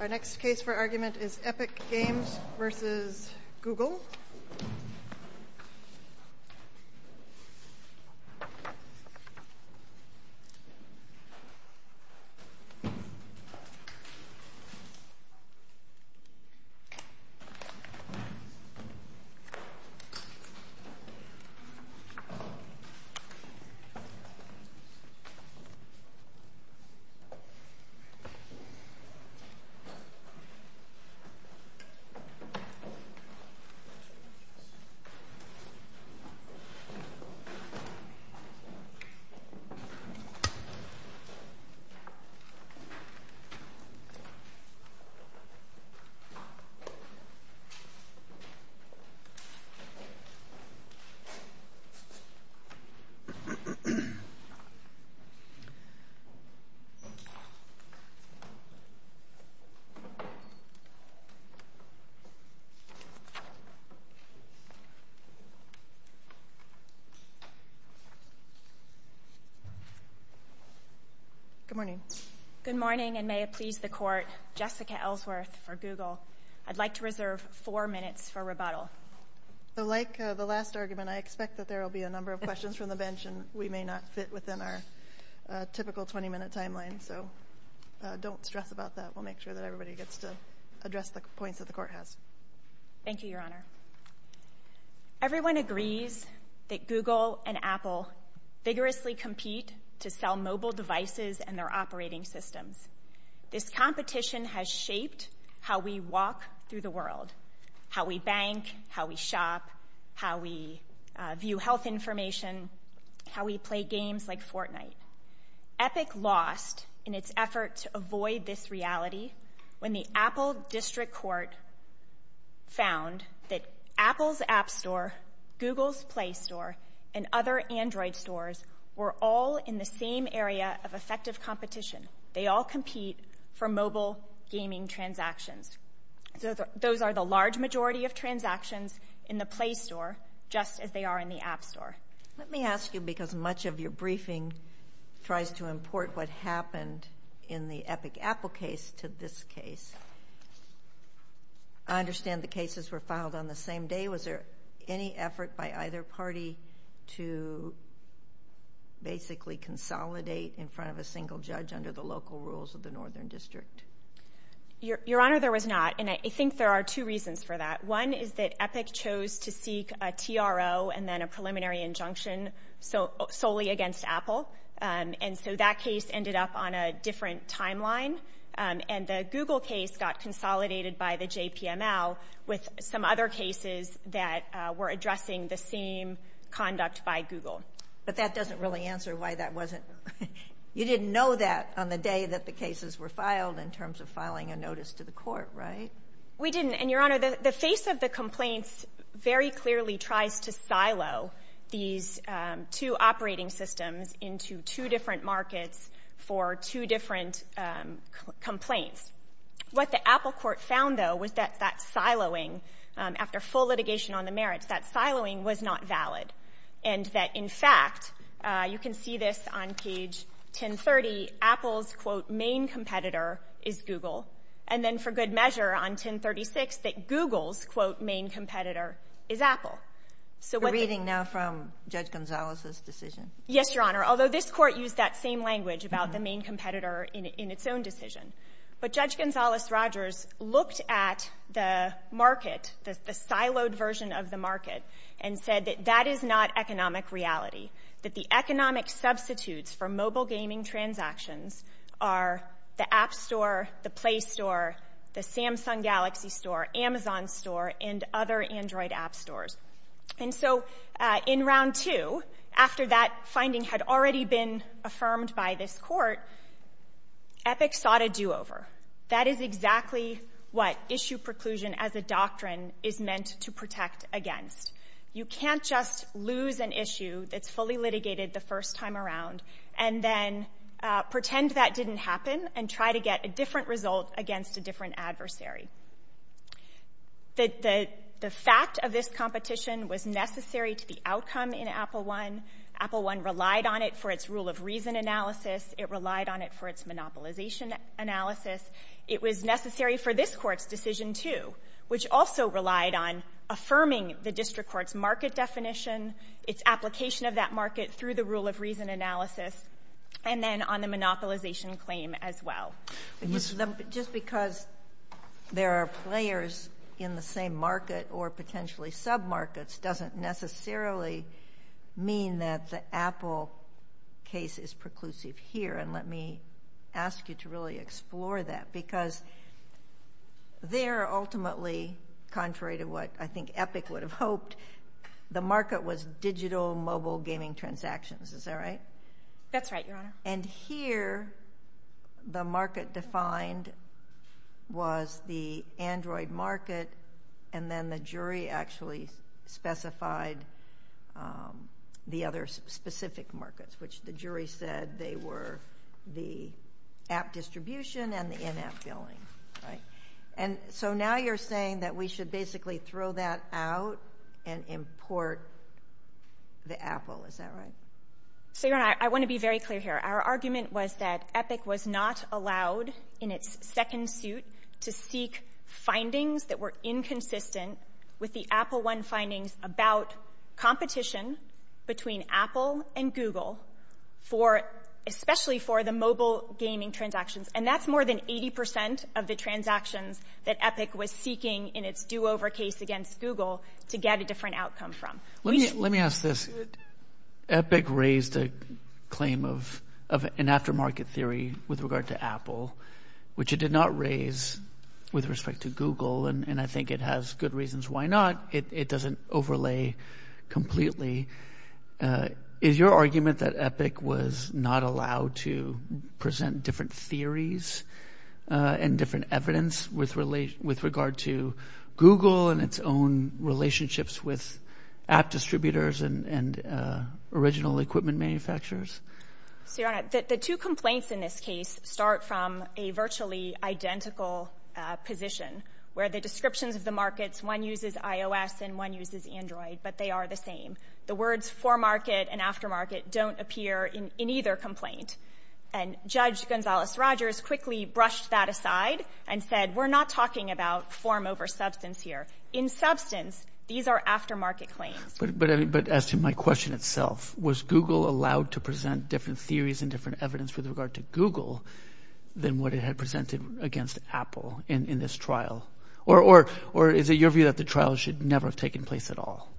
Our next case for argument is Epic Games v. Google Good morning, and may it please the court, Jessica Ellsworth for Google. I'd like to reserve four minutes for rebuttal. So like the last argument, I expect that there will be a number of questions from the bench, and we may not fit within our typical 20-minute timeline. So don't stress about that. We'll make sure that everybody gets to address the points that the court has. Thank you, Your Honor. Everyone agrees that Google and Apple vigorously compete to sell mobile devices and their operating systems. This competition has shaped how we walk through the world, how we bank, how we shop, how we view health information, how we play games like Fortnite. Epic lost in its effort to avoid this reality when the Apple District Court found that Apple's App Store, Google's Play Store, and other Android stores were all in the same area of effective competition. They all compete for mobile gaming transactions. Those are the large majority of transactions in the Play Store, just as they are in the App Store. Let me ask you, because much of your briefing tries to import what happened in the Epic Apple case to this case, I understand the cases were filed on the same day. Was there any effort by either party to basically consolidate in front of a single judge under the local rules of the Northern District? Your Honor, there was not. I think there are two reasons for that. One is that Epic chose to seek a TRO and then a preliminary injunction solely against Apple. That case ended up on a different timeline. The Google case got consolidated by the JPML with some other cases that were addressing the same conduct by Google. But that doesn't really answer why that wasn't... You didn't know that on the day that the case was filed, in terms of filing a notice to the court, right? We didn't. Your Honor, the face of the complaints very clearly tries to silo these two operating systems into two different markets for two different complaints. What the Apple court found, though, was that that siloing, after full litigation on the merits, that siloing was not valid and that, in fact, you can see this on page 1030, Apple's, quote, main competitor is Google, and then, for good measure, on 1036, that Google's, quote, main competitor is Apple. We're reading now from Judge Gonzales' decision. Yes, Your Honor, although this court used that same language about the main competitor in its own decision. But Judge Gonzales-Rogers looked at the market, the siloed version of the market, and said that that is not economic reality, that the economic substitutes for mobile gaming transactions are the App Store, the Play Store, the Samsung Galaxy Store, Amazon Store, and other Android app stores. And so in round two, after that finding had already been affirmed by this court, Epic sought a do-over. That is exactly what issue preclusion as a doctrine is meant to protect against. You can't just lose an issue that's fully litigated the first time around and then pretend that didn't happen and try to get a different result against a different adversary. The fact of this competition was necessary to the outcome in Apple I. Apple I relied on it for its rule of reason analysis. It relied on it for its monopolization analysis. It was necessary for this court's decision, too, which also relied on affirming the district court's market definition, its application of that market through the rule of reason analysis, and then on the monopolization claim as well. Just because there are players in the same market or potentially sub-markets doesn't necessarily mean that the Apple case is preclusive here. And let me ask you to really explore that because there ultimately, contrary to what I think Epic would have hoped, the market was digital mobile gaming transactions. Is that right? That's right, Your Honor. And here the market defined was the Android market and then the jury actually specified the other specific markets, which the jury said they were the app distribution and the in-app billing. And so now you're saying that we should basically throw that out and import the Apple. Is that right? So, Your Honor, I want to be very clear here. Our argument was that Epic was not allowed in its second suit to seek findings that were inconsistent with the Apple I findings about competition between Apple and Google, especially for the mobile gaming transactions. And that's more than 80 percent of the transactions that Epic was seeking in its do-over case against Google to get a different outcome from. Let me ask this. Epic raised a claim of an aftermarket theory with regard to Apple, which it did not raise with respect to Google, and I think it has good reasons why not. It doesn't overlay completely. Is your argument that Epic was not allowed to present different theories and different evidence with regard to Google and its own relationships with app distributors and original equipment manufacturers? Your Honor, the two complaints in this case start from a virtually identical position where the descriptions of the markets, one uses iOS and one uses Android, but they are the same. The words for market and aftermarket don't appear in either complaint. And Judge Gonzales-Rogers quickly brushed that aside and said, we're not talking about form over substance here. In substance, these are aftermarket claims. But asking my question itself, was Google allowed to present different theories and different evidence with regard to Google than what it had presented against Apple in this trial? Or is it your view that the trial should never have taken place at all?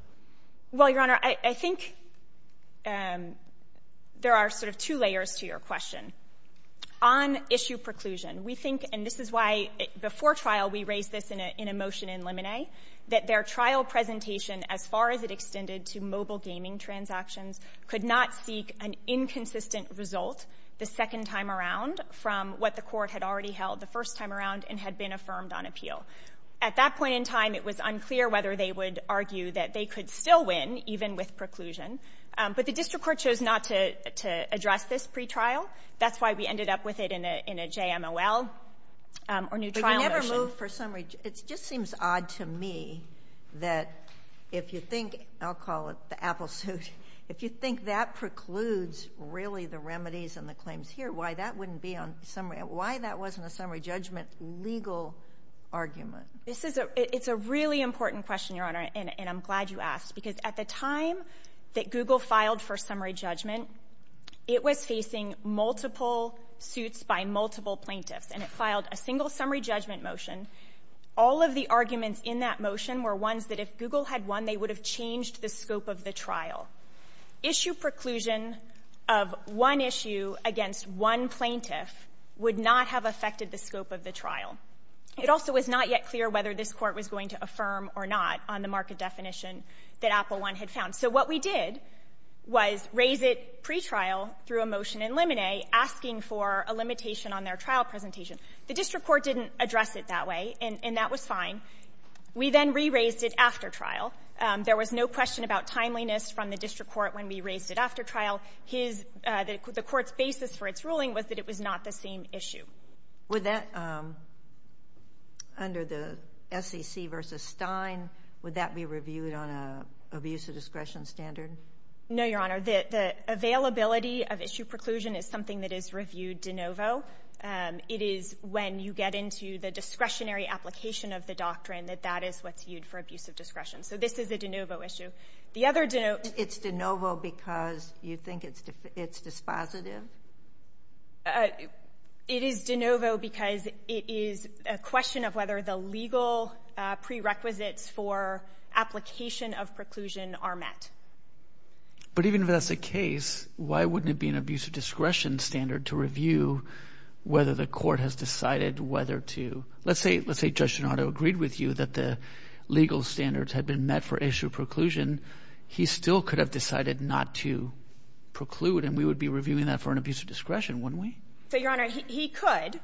Well, Your Honor, I think there are sort of two layers to your question. On issue preclusion, we think, and this is why before trial we raised this in a motion in Lemonet, that their trial presentation, as far as it extended to mobile gaming transactions, could not seek an inconsistent result the second time around from what the court had already held the first time around and had been affirmed on appeal. At that point in time, it was unclear whether they would argue that they could still win, even with preclusion. But the district court chose not to address this pre-trial. That's why we ended up with it in a JMOL or new trial But you never moved for summary. It just seems odd to me that if you think, I'll call it the Apple suit, if you think that precludes really the remedies and the claims here, why that wouldn't be on summary. Why that wasn't a summary judgment legal argument. It's a really important question, Your Honor, and I'm glad you asked. Because at the time that Google filed for summary judgment, it was facing multiple suits by multiple plaintiffs. And it filed a single summary judgment motion. All of the arguments in that motion were ones that if Google had won, they would have changed the scope of the trial. Issue preclusion of one issue against one plaintiff would not have affected the scope of the trial. It also was not yet clear whether this court was going to affirm or not on the market definition that Apple I had found. So what we did was raise it pre-trial through a motion in limine, asking for a limitation on their trial presentation. The district court didn't address it that way and that was fine. We then re-raised it after trial. There was no question about timeliness from the district court when we raised it after trial. The court's basis for its ruling was that it was not the same issue. Would that, under the SEC versus Stein, would that be reviewed on an abuse of discretion standard? No, Your Honor. The availability of issue preclusion is something that is reviewed de novo. It is when you get into the discretionary application of the doctrine that that is what's reviewed for abuse of discretion. So this is a de novo issue. It's de novo because you think it's dispositive? It is de novo because it is a question of whether the legal prerequisites for application of preclusion are met. But even if that's the case, why wouldn't it be an abuse of discretion standard to review whether the court has decided whether to... Let's say Judge Gennaro agreed with you that the legal standards had been met for issue preclusion. He still could have decided not to preclude and we would be reviewing that for an abuse of discretion, wouldn't we? So, Your Honor, he could.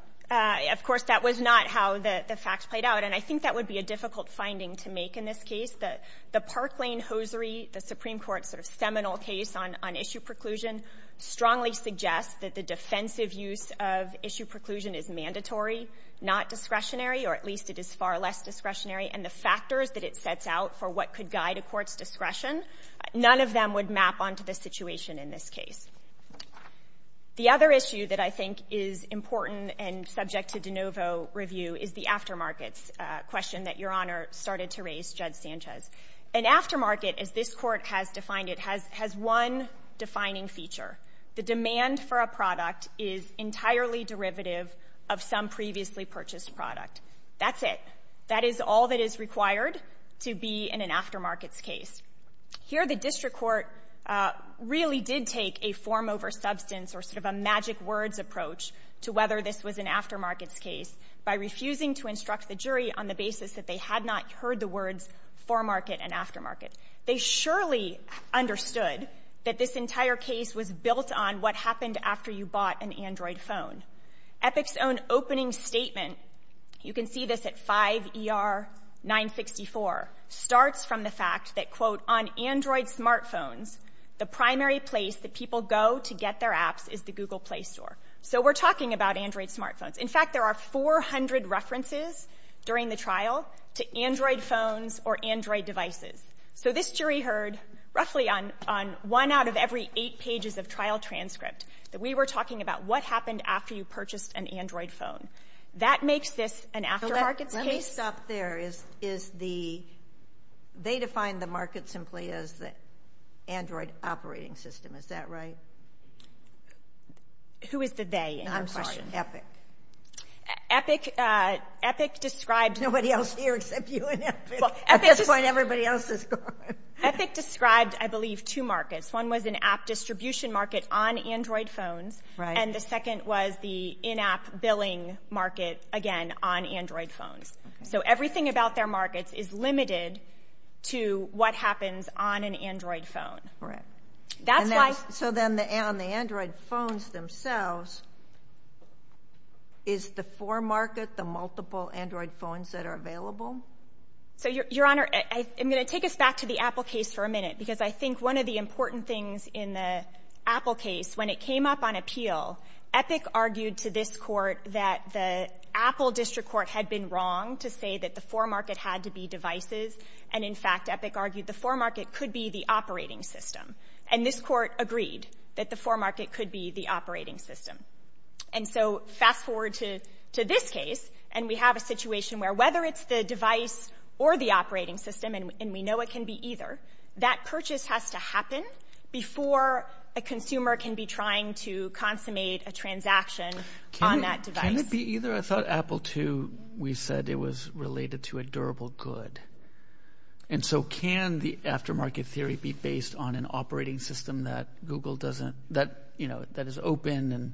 Of course, that was not how the facts played out and I think that would be a difficult finding to make in this case. The Parkwayne-Hosiery, the Supreme Court's analysis of issue preclusion is mandatory, not discretionary, or at least it is far less discretionary, and the factors that it sets out for what could guide a court's discretion, none of them would map onto the situation in this case. The other issue that I think is important and subject to de novo review is the aftermarket question that Your Honor started to raise, Judge Sanchez. An aftermarket, as this court has defined it, has one defining feature. The demand for a product is entirely derivative of some previously purchased product. That's it. That is all that is required to be in an aftermarket case. Here, the district court really did take a form over substance or sort of a magic words approach to whether this was an aftermarket case by refusing to instruct the jury on the basis that they had not heard the words foremarket and aftermarket. They surely understood that this entire case was built on what happened after you bought an Android phone. Epic's own opening statement, you can see this at 5 ER 964, starts from the fact that quote, on Android smartphones, the primary place that people go to get their apps is the Google Play Store. So we're talking about Android smartphones. In fact, there are 400 references during the trial to Android phones or Android devices. So this jury heard roughly on one out of every eight pages of trial transcript that we were talking about what happened after you purchased an Android phone. That makes this an aftermarket limit? So that's based up there is the, they define the market simply as the Android operating system. Is that right? Who is the they in your question? Epic. Epic describes... Nobody else here except you and Epic. At this point, everybody else is gone. Epic describes, I believe, two markets. One was an app distribution market on Android phones and the second was the in-app billing market, again, on Android phones. So everything about their markets is limited to what happens on an Android phone. Correct. That's why... So then on the Android phones themselves, is the four market the multiple Android phones that are available? Your Honor, I'm going to take us back to the Apple case for a minute because I think one of the important things in the Apple case, when it came up on appeal, Epic argued to this court that the Apple district court had been wrong to say that the four market had to be devices. And in fact, Epic argued the four market could be the operating system. And this court agreed that the four market could be the operating system. And so fast forward to this case, and we have a situation where whether it's the device or the operating system, and we know it can be either, that purchase has to happen before a consumer can be trying to consummate a transaction on that device. Can it be either? I thought Apple too, we said it was related to a durable good. And so can the aftermarket theory be based on an operating system that Google doesn't, that is open? And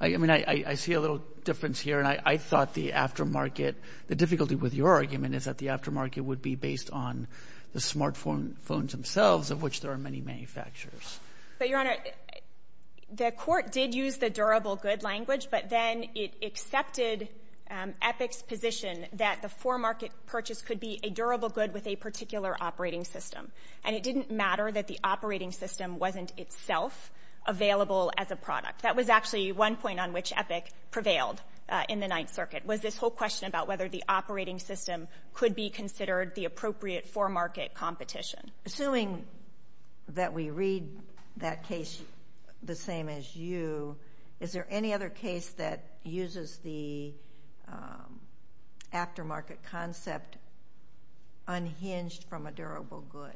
I mean, I see a little difference here. And I thought the aftermarket, the difficulty with your argument is that the aftermarket would be based on the smartphone phones themselves of which there are many manufacturers. So your Honor, the court did use the durable good language, but then it accepted Epic's position that the four market purchase could be a durable good with a particular operating system. And it didn't matter that the operating system wasn't itself available as a product. That was actually one point on which Epic prevailed in the Ninth Circuit was this whole question about whether the operating system could be considered the appropriate four market competition. Assuming that we read that case the same as you, is there any other case that uses the aftermarket concept unhinged from a durable good?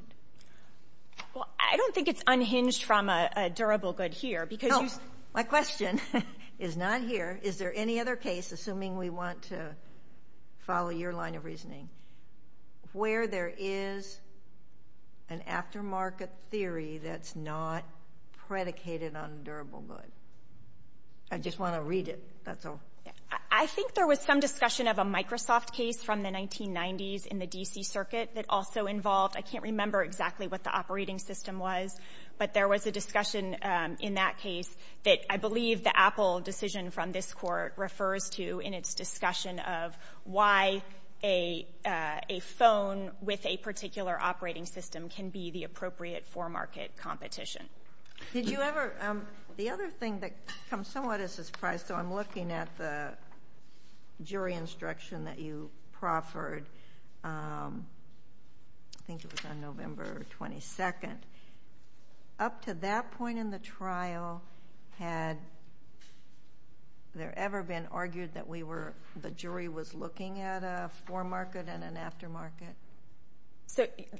Well, I don't think it's unhinged from a durable good here because... No, my question is not here. Is there any other case, assuming we want to follow your line of reasoning, where there is an aftermarket theory that's not predicated on durable goods? I just want to read it. I think there was some discussion of a Microsoft case from the 1990s in the D.C. Circuit that also involved... I can't remember exactly what the operating system was, but there was a discussion in that case that I believe the Apple decision from this court refers to in its discussion of why a phone with a particular operating system can be the appropriate four market competition. Did you ever... The other thing that somewhat is a surprise, so I'm looking at the jury instruction that you proffered. I think it was on November 22nd. Up to that point in the trial, had there ever been argued that the jury was looking at a four market and an aftermarket?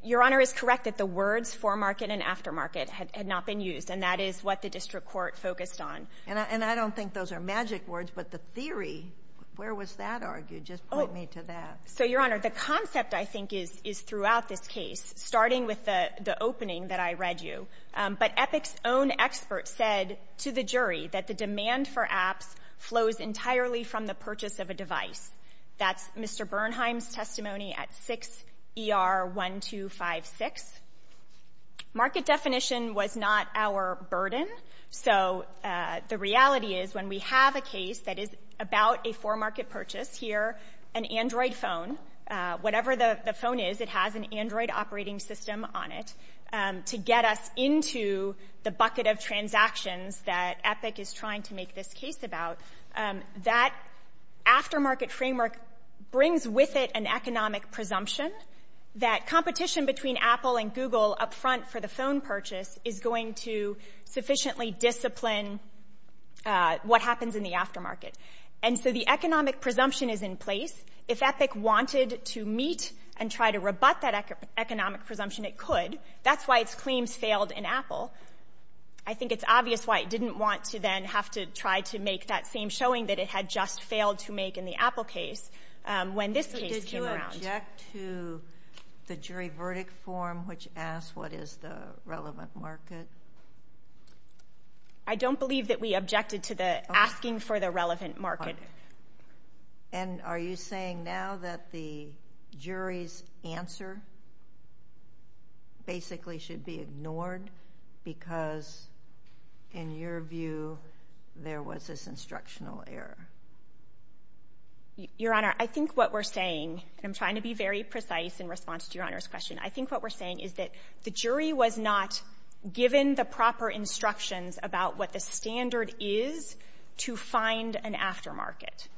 Your Honor, it's correct that the words four market and aftermarket had not been used, and that is what the district court focused on. I don't think those are magic words, but the theory, where was that argued? Just point me to that. Your Honor, the concept, I think, is throughout this case, starting with the opening that I read you, but Epic's own expert said to the jury that the demand for apps flows entirely from the purchase of a device. That's Mr. Bernheim's testimony at 6 ER 1256. Market definition was not our burden, so the reality is when we have a case that is about a four market purchase, here, an Android phone, whatever the phone is, it has an Android operating system on it to get us into the bucket of transactions that Epic is trying to make this case about. That aftermarket framework brings with it an economic presumption that competition between Apple and Google up front for the phone purchase is going to sufficiently discipline what happens in the aftermarket. The economic presumption is in place. If Epic wanted to meet and try to rebut that economic presumption, it could. That's why it's claimed failed in Apple. I think it's obvious why it didn't want to then have to try to make that same showing that it had just failed to make in the Apple case when this case came around. Did you object to the jury verdict form which asked what is the relevant market? I don't believe that we objected to the asking for the relevant market. Are you saying now that the jury's answer basically should be ignored because, in your view, there was this instructional error? Your Honor, I think what we're saying, and I'm trying to be very precise in response to Your Honor's question, I think what we're saying is that the jury was not given the proper instructions about what the standard is to find an aftermarket.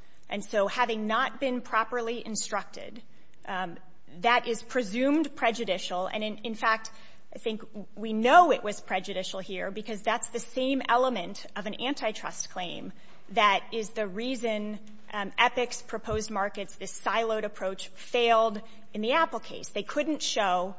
Having not been properly instructed, that is presumed prejudicial. In fact, I think we know it was prejudicial here because that's the same element of an antitrust claim that is the reason Epic's proposed market, this siloed approach, failed in the Apple case. They couldn't show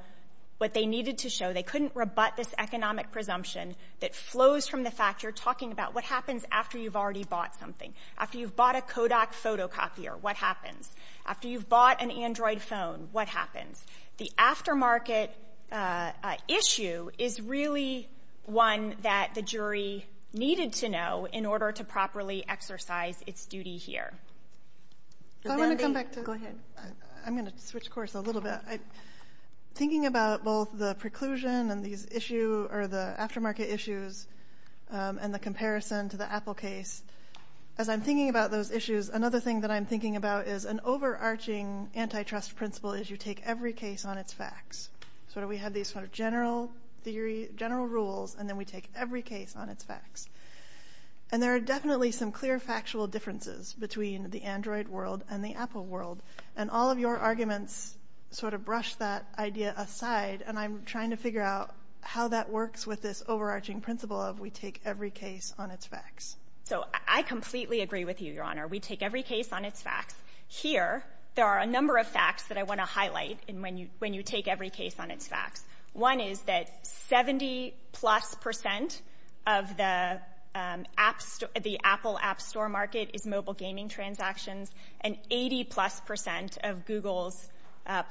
what they needed to show. They couldn't rebut this economic presumption that flows from the factor talking about what happens after you've already bought something. After you've bought a Kodak photocopier, what happens? After you've bought an Android phone, what happens? The aftermarket issue is really one that the jury needed to know in order to properly exercise its duty here. I'm going to switch course a little bit. Thinking about both the preclusion and the aftermarket issues and the comparison to the Apple case, as I'm thinking about those issues, another thing that I'm thinking about is an overarching antitrust principle is you take every case on its facts. We have these general rules, and then we take every case on its facts. There are definitely some clear factual differences between the Android world and the Apple world. All of your arguments brush that idea aside, and I'm trying to figure out how that works with this overarching principle of we take every case on its facts. I completely agree with you, Your Honor. We take every case on its facts. Here, there are a number of facts that I want to highlight when you take every case on its facts. One is that 70 plus percent of the Apple App Store market is mobile gaming transactions, and 80 plus percent of Google's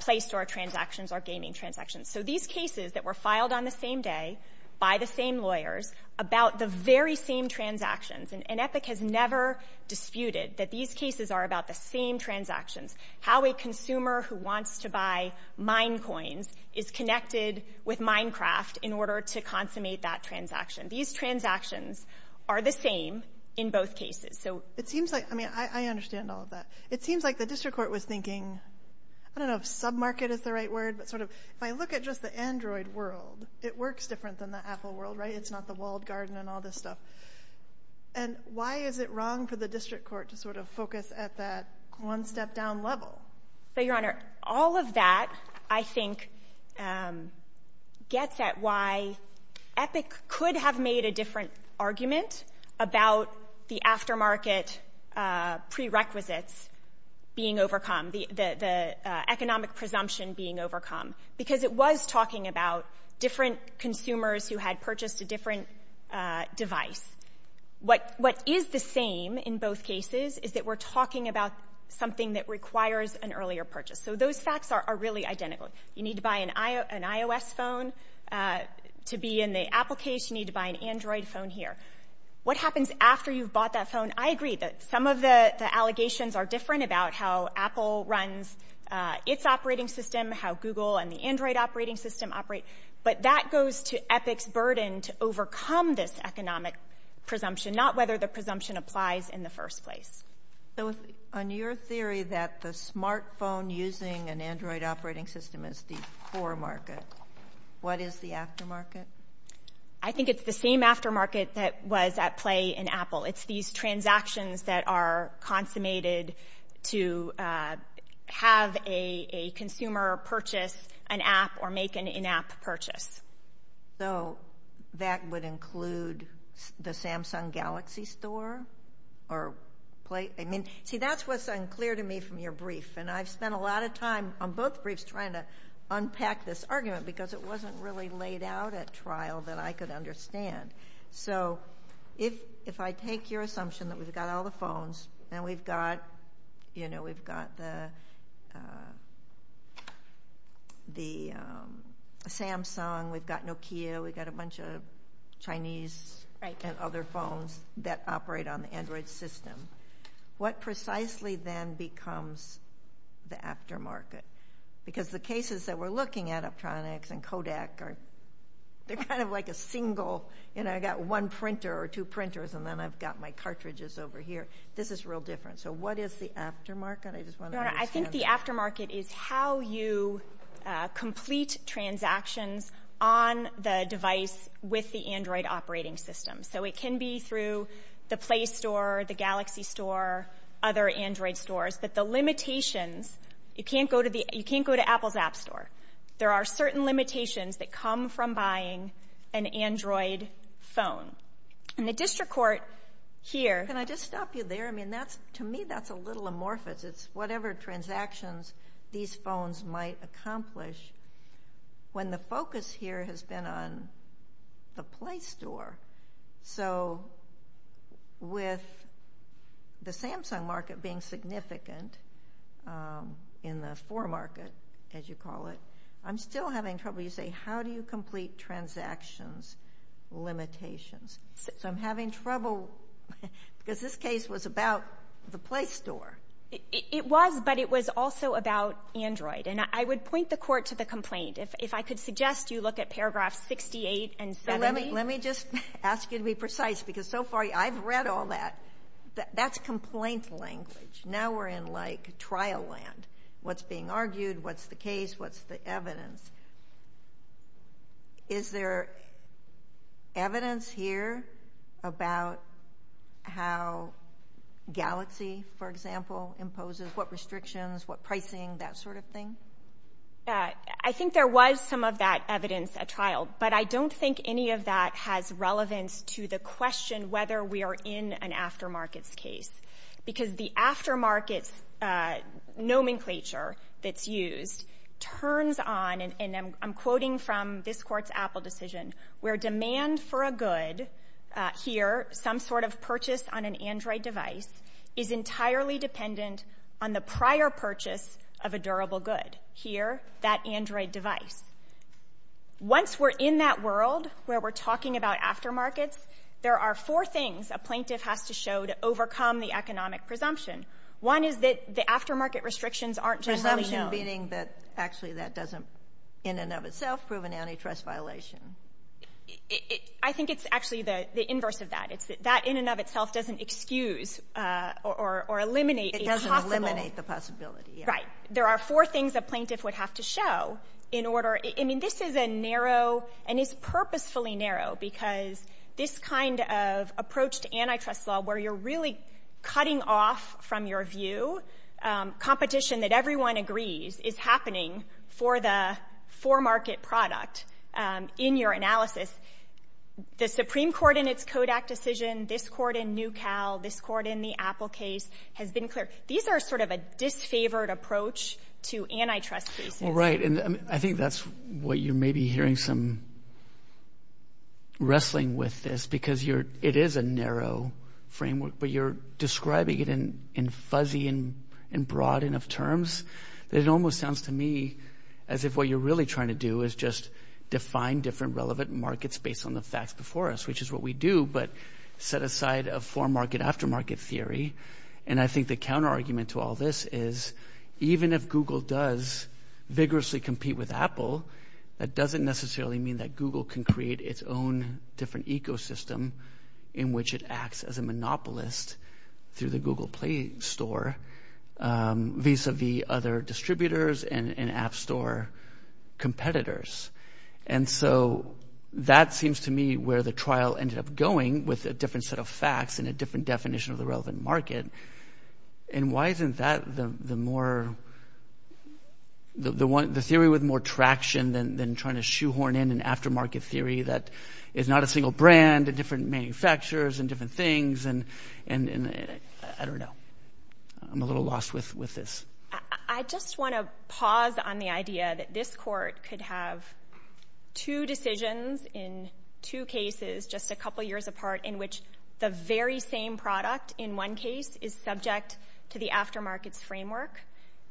Play Store transactions are gaming transactions. These cases that were filed on the same day by the same lawyers about the very same transactions, and Epic has never disputed that these cases are about the same transactions, how a consumer who wants to buy Mine Coins is connected with Minecraft in order to consummate that transaction. These transactions are the same in both cases. I understand all of that. It seems like the District Court was thinking, I don't know if sub-market is the right word, but if I look at just the Android world, it works different than the Apple world, right? It's not the walled garden and all this stuff. Why is it wrong for the District Court to focus at that one step down level? Your Honor, all of that, I think, gets at why Epic could have made a different argument about the aftermarket prerequisites being overcome, the economic presumption being overcome, because it was talking about different consumers who had purchased a different device. What is the same in both cases is that we're talking about something that requires an earlier purchase. So those facts are really identical. You need to buy an iOS phone to be in the Apple case. You need to buy an Android phone here. What happens after you've bought that phone? I agree that some of the allegations are different about how Apple runs its operating system, how Google and the Android operating system operate. But that goes to Epic's burden to overcome this economic presumption, not whether the presumption applies in the first place. So on your theory that the smartphone using an Android operating system is the foremarket, what is the aftermarket? I think it's the same aftermarket that was at play in Apple. It's these transactions that are consummated to have a consumer purchase an app or make an in-app purchase. So that would include the Samsung Galaxy Store? See, that's what's unclear to me from your brief. And I've spent a lot of time on both briefs trying to unpack this argument because it wasn't really laid out at trial that I could understand. So if I take your assumption that we've got all the phones and we've got the Samsung, we've got Nokia, we've got a bunch of Chinese and other phones that operate on the Android system, what precisely then becomes the aftermarket? Because the cases that we're looking at, Optronics and Kodak, they're kind of like a single, you know, I've got one printer or two printers and then I've got my cartridges over here. This is real different. So what is the aftermarket? I think the aftermarket is how you complete transactions on the device with the Android operating system. So it can be through the Play Store, the Galaxy Store, other Android stores. But the limitations, you can't go to Apple's App Store. There are certain limitations that come from buying an Android phone. And the district court here. Can I just stop you there? I mean, to me that's a little amorphous. It's whatever transactions these phones might accomplish. When the focus here has been on the Play Store. So with the Samsung market being significant in the for market, as you call it, I'm still having trouble. You say, how do you complete transaction limitations? So I'm having trouble because this case was about the Play Store. It was, but it was also about Android. And I would point the court to the complaint. If I could suggest you look at paragraphs 68 and 78. Let me just ask you to be precise because so far I've read all that. That's complaint language. Now we're in like trial land. What's being argued? What's the case? What's the evidence? Is there evidence here about how Galaxy, for example, imposes what restrictions, what pricing, that sort of thing? I think there was some of that evidence at trial. But I don't think any of that has relevance to the question whether we are in an after market case. Because the after market nomenclature that's used turns on, and I'm quoting from this court's Apple decision, where demand for a good here, some sort of purchase on an Android device, is entirely dependent on the prior purchase of a durable good. Here, that Android device. Once we're in that world where we're talking about after markets, there are four things a plaintiff has to show to overcome the economic presumption. One is that the after market restrictions aren't just running low. Presumption meaning that actually that doesn't in and of itself prove an antitrust violation. I think it's actually the inverse of that. That in and of itself doesn't excuse or eliminate a possibility. It doesn't eliminate the possibility. Right. There are four things a plaintiff would have to show in order. I mean, this is a narrow, and it's purposefully narrow, because this kind of approach to antitrust law where you're really cutting off from your view, competition that everyone agrees is happening for the for market product in your analysis. The Supreme Court in its Kodak decision, this court in New Cal, this court in the Apple case has been clear. These are sort of a disfavored approach to antitrust. Right, and I think that's what you may be hearing some wrestling with this, because it is a narrow framework, but you're describing it in fuzzy and broad enough terms that it almost sounds to me as if what you're really trying to do is just define different relevant markets based on the facts before us, which is what we do, but set aside a for market aftermarket theory. And I think the counterargument to all this is even if Google does vigorously compete with Apple, that doesn't necessarily mean that Google can create its own different ecosystem in which it acts as a monopolist through the Google Play Store vis-a-vis other distributors and app store competitors. And so that seems to me where the trial ended up going with a different set of facts and a different definition of the relevant market. And why isn't that the more, the theory with more traction than trying to shoehorn in an aftermarket theory that is not a single brand, and the different manufacturers and different things, and I don't know. I'm a little lost with this. I just want to pause on the idea that this court could have two decisions in two cases just a couple years apart in which the very same product in one case is subject to the aftermarket framework,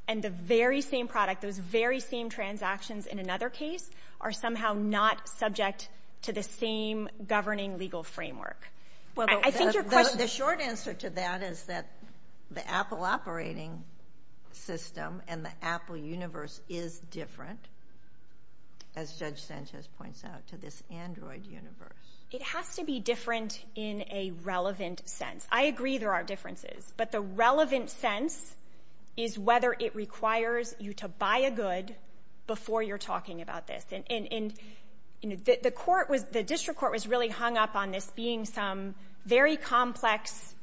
and the very same product, those very same transactions in another case are somehow not subject to the same governing legal framework. The short answer to that is that the Apple operating system and the Apple universe is different, as Judge Sanchez points out, to this Android universe. It has to be different in a relevant sense. I agree there are differences, but the relevant sense is whether it requires you to buy a good before you're talking about this. The district court was really hung up on this being some very complex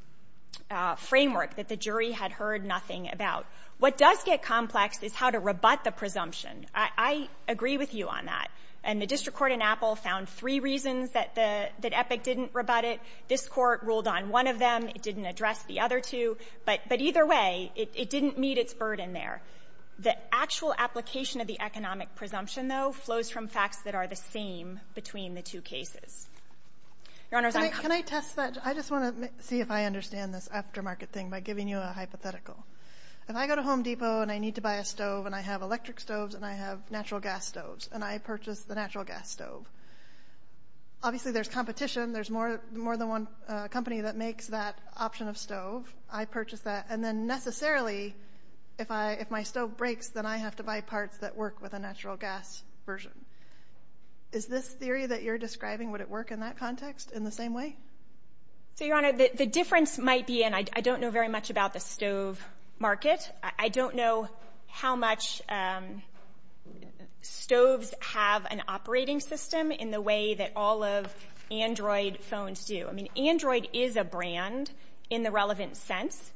framework that the jury had heard nothing about. What does get complex is how to rebut the presumption. I agree with you on that, and the district court in Apple found three reasons that Epic didn't rebut it. This court ruled on one of them. It didn't address the other two, but either way, it didn't meet its burden there. The actual application of the economic presumption, though, flows from facts that are the same between the two cases. Your Honor, can I comment? Can I test that? I just want to see if I understand this aftermarket thing by giving you a hypothetical. If I go to Home Depot and I need to buy a stove, and I have electric stoves and I have natural gas stoves, and I purchase the natural gas stove, obviously there's competition. There's more than one company that makes that option of stove. I purchase that, and then necessarily if my stove breaks, then I have to buy parts that work with a natural gas version. Is this theory that you're describing, would it work in that context in the same way? Your Honor, the difference might be, and I don't know very much about the stove market. I don't know how much stoves have an operating system in the way that all of Android phones do. Android is a brand in the relevant sense,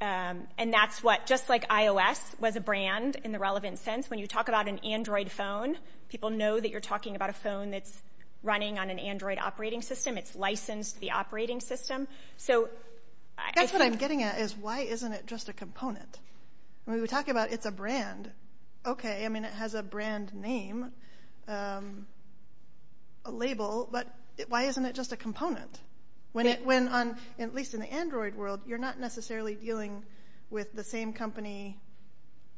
and that's what just like iOS was a brand in the relevant sense. When you talk about an Android phone, people know that you're talking about a phone that's running on an Android operating system. It's licensed to the operating system. That's what I'm getting at is why isn't it just a component? When we talk about it's a brand, okay, I mean it has a brand name, a label, but why isn't it just a component? When at least in the Android world, you're not necessarily dealing with the same company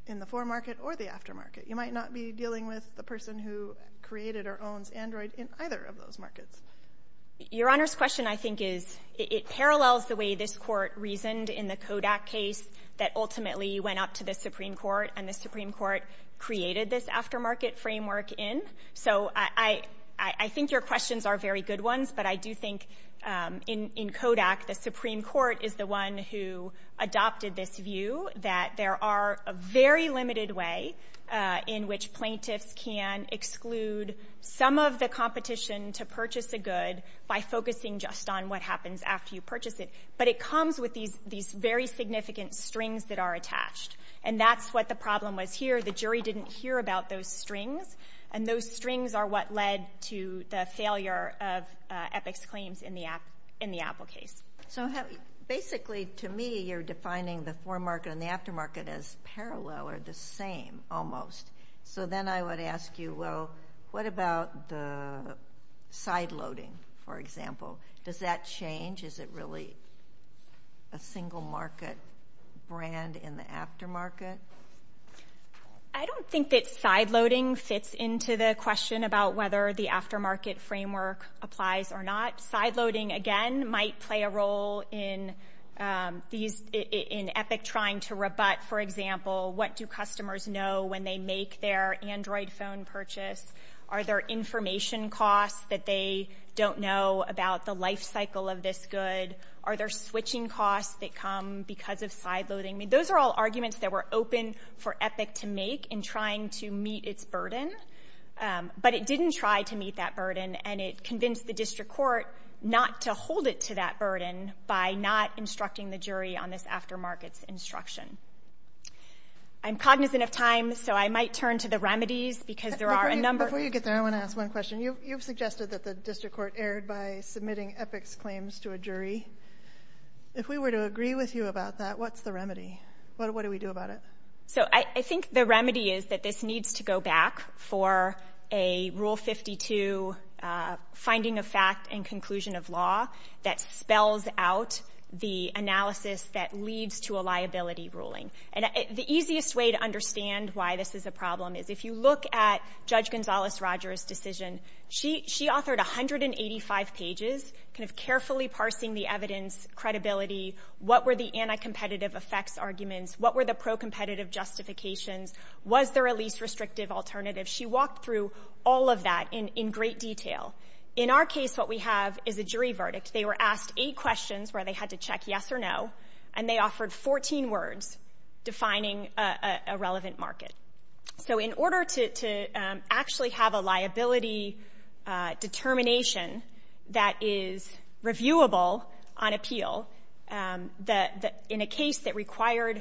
in the foremarket or the aftermarket. You might not be dealing with the person who created or owns Android in either of those markets. Your Honor's question I think is, it parallels the way this court reasoned in the Kodak case that ultimately went up to the Supreme Court, and the Supreme Court created this aftermarket framework in. I think your questions are very good ones, but I do think in Kodak the Supreme Court is the one who adopted this view that there are a very limited way in which plaintiffs can exclude some of the competition to purchase a good by focusing just on what happens after you purchase it, but it comes with these very significant strings that are attached, and that's what the problem was here. The jury didn't hear about those strings, and those strings are what led to the failure of Epic's claims in the Apple case. So basically to me you're defining the foremarket and the aftermarket as parallel or the same almost. So then I would ask you, well, what about the sideloading, for example? Does that change? Is it really a single market brand in the aftermarket? I don't think that sideloading fits into the question about whether the aftermarket framework applies or not. Sideloading, again, might play a role in Epic trying to rebut, for example, what do customers know when they make their Android phone purchase? Are there information costs that they don't know about the lifecycle of this good? Are there switching costs that come because of sideloading? Those are all arguments that were open for Epic to make in trying to meet its burden, but it didn't try to meet that burden, and it convinced the district court not to hold it to that burden by not instructing the jury on this aftermarket instruction. I'm cognizant of time, so I might turn to the remedies because there are a number of them. Before you get there, I want to ask one question. You've suggested that the district court erred by submitting Epic's claims to a jury. If we were to agree with you about that, what's the remedy? What do we do about it? I think the remedy is that this needs to go back for a Rule 52 finding of fact and conclusion of law that spells out the analysis that leads to a liability ruling. The easiest way to understand why this is a problem is if you look at Judge Gonzales-Rogers' decision, she authored 185 pages carefully parsing the evidence, credibility, what were the anti-competitive effects arguments, what were the pro-competitive justifications, was there a least restrictive alternative? She walked through all of that in great detail. In our case, what we have is a jury verdict. They were asked eight questions where they had to check yes or no, and they offered 14 words defining a relevant market. So in order to actually have a liability determination that is reviewable on appeal, in a case that required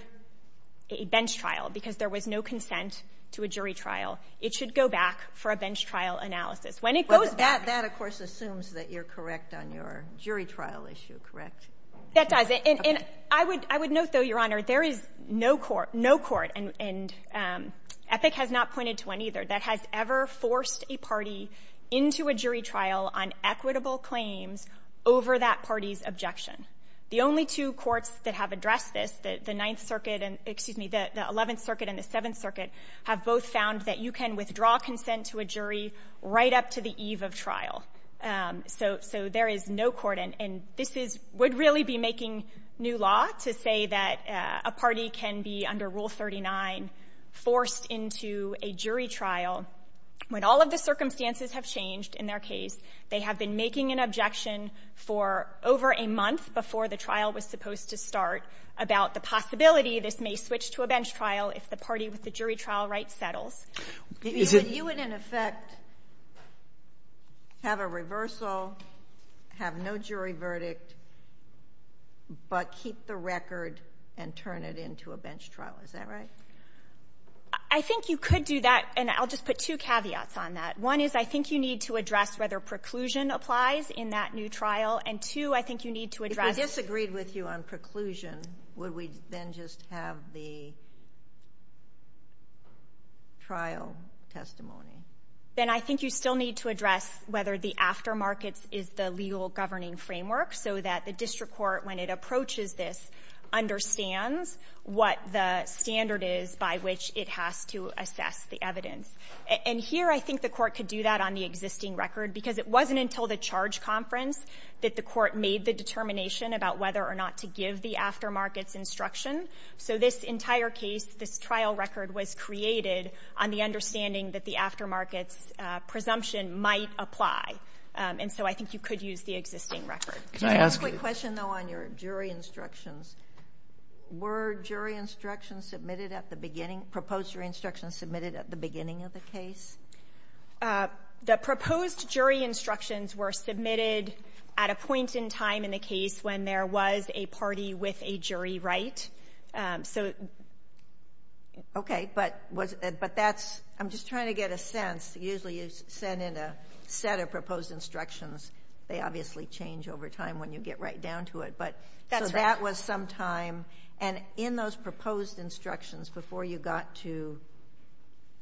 a bench trial because there was no consent to a jury trial, it should go back for a bench trial analysis. That, of course, assumes that you're correct on your jury trial issue, correct? That does. I would note, though, Your Honor, there is no court, and Epic has not pointed to one either, that has ever forced a party into a jury trial on equitable claims over that party's objection. The only two courts that have addressed this, the 11th Circuit and the 7th Circuit, have both found that you can withdraw consent to a jury right up to the eve of trial. So there is no court, and this would really be making new law to say that a party can be, under Rule 39, forced into a jury trial when all of the circumstances have changed in their case. They have been making an objection for over a month before the trial was supposed to start about the possibility this may switch to a bench trial if the party with the jury trial right settles. You would, in effect, have a reversal, have no jury verdict, but keep the record and turn it into a bench trial, is that right? I think you could do that, and I'll just put two caveats on that. One is I think you need to address whether preclusion applies in that new trial, and two, I think you need to address— If I disagreed with you on preclusion, would we then just have the trial testimony? Then I think you still need to address whether the aftermarket is the legal governing framework so that the district court, when it approaches this, understands what the standard is by which it has to assess the evidence. And here I think the court could do that on the existing record because it wasn't until the charge conference that the court made the determination about whether or not to give the aftermarket's instruction. So this entire case, this trial record, was created on the understanding that the aftermarket's presumption might apply, and so I think you could use the existing record. Can I ask a question, though, on your jury instructions? Were jury instructions submitted at the beginning— proposed jury instructions submitted at the beginning of the case? The proposed jury instructions were submitted at a point in time in the case when there was a party with a jury right. Okay, but that's—I'm just trying to get a sense. Usually you send in a set of proposed instructions. They obviously change over time when you get right down to it. So that was some time, and in those proposed instructions, before you got to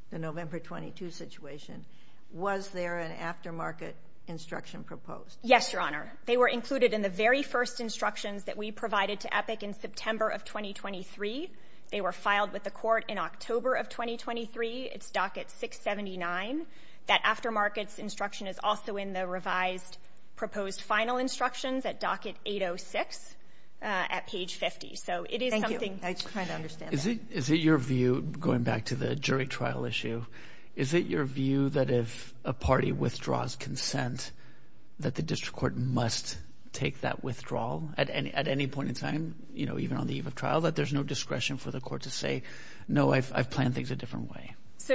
the November 22 situation, was there an aftermarket instruction proposed? Yes, Your Honor. They were included in the very first instructions that we provided to EPIC in September of 2023. They were filed with the court in October of 2023. It's docket 679. That aftermarket's instruction is also in the revised proposed final instructions at docket 806 at page 50. So it is something— Thank you. I'm just trying to understand that. Is it your view, going back to the jury trial issue, is it your view that if a party withdraws consent, that the district court must take that withdrawal at any point in time, you know, even on the eve of trial, that there's no discretion for the court to say, no, I've planned things a different way?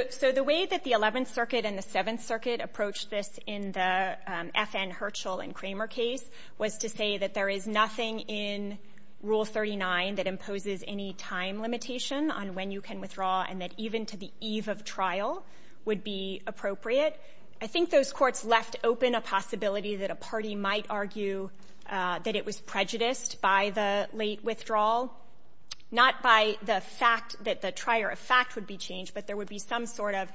So the way that the Eleventh Circuit and the Seventh Circuit approached this in the F. N. Herschel and Kramer case was to say that there is nothing in Rule 39 that imposes any time limitation on when you can withdraw and that even to the eve of trial would be appropriate. I think those courts left open a possibility that a party might argue that it was prejudiced by the late withdrawal, not by the fact that the trier of fact would be changed, but there would be some sort of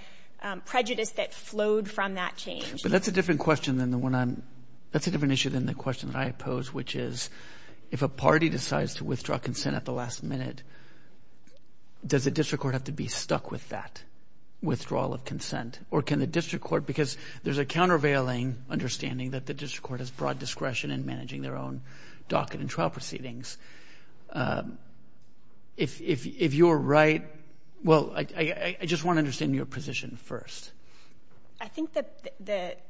prejudice that flowed from that change. But that's a different question than the one I'm, that's a different issue than the question that I pose, which is if a party decides to withdraw consent at the last minute, does the district court have to be stuck with that withdrawal of consent? Or can the district court, because there's a countervailing understanding that the district court has broad discretion in managing their own docket and trial proceedings. If you're right, well, I just want to understand your position first. I think that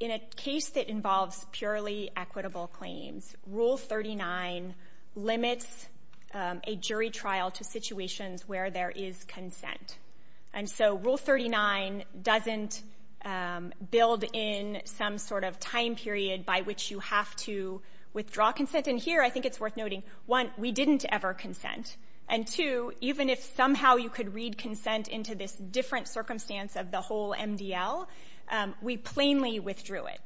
in a case that involves purely equitable claims, Rule 39 limits a jury trial to situations where there is consent. And so Rule 39 doesn't build in some sort of time period by which you have to withdraw consent. And here I think it's worth noting, one, we didn't ever consent. And two, even if somehow you could read consent as into this different circumstance of the whole MDL, we plainly withdrew it.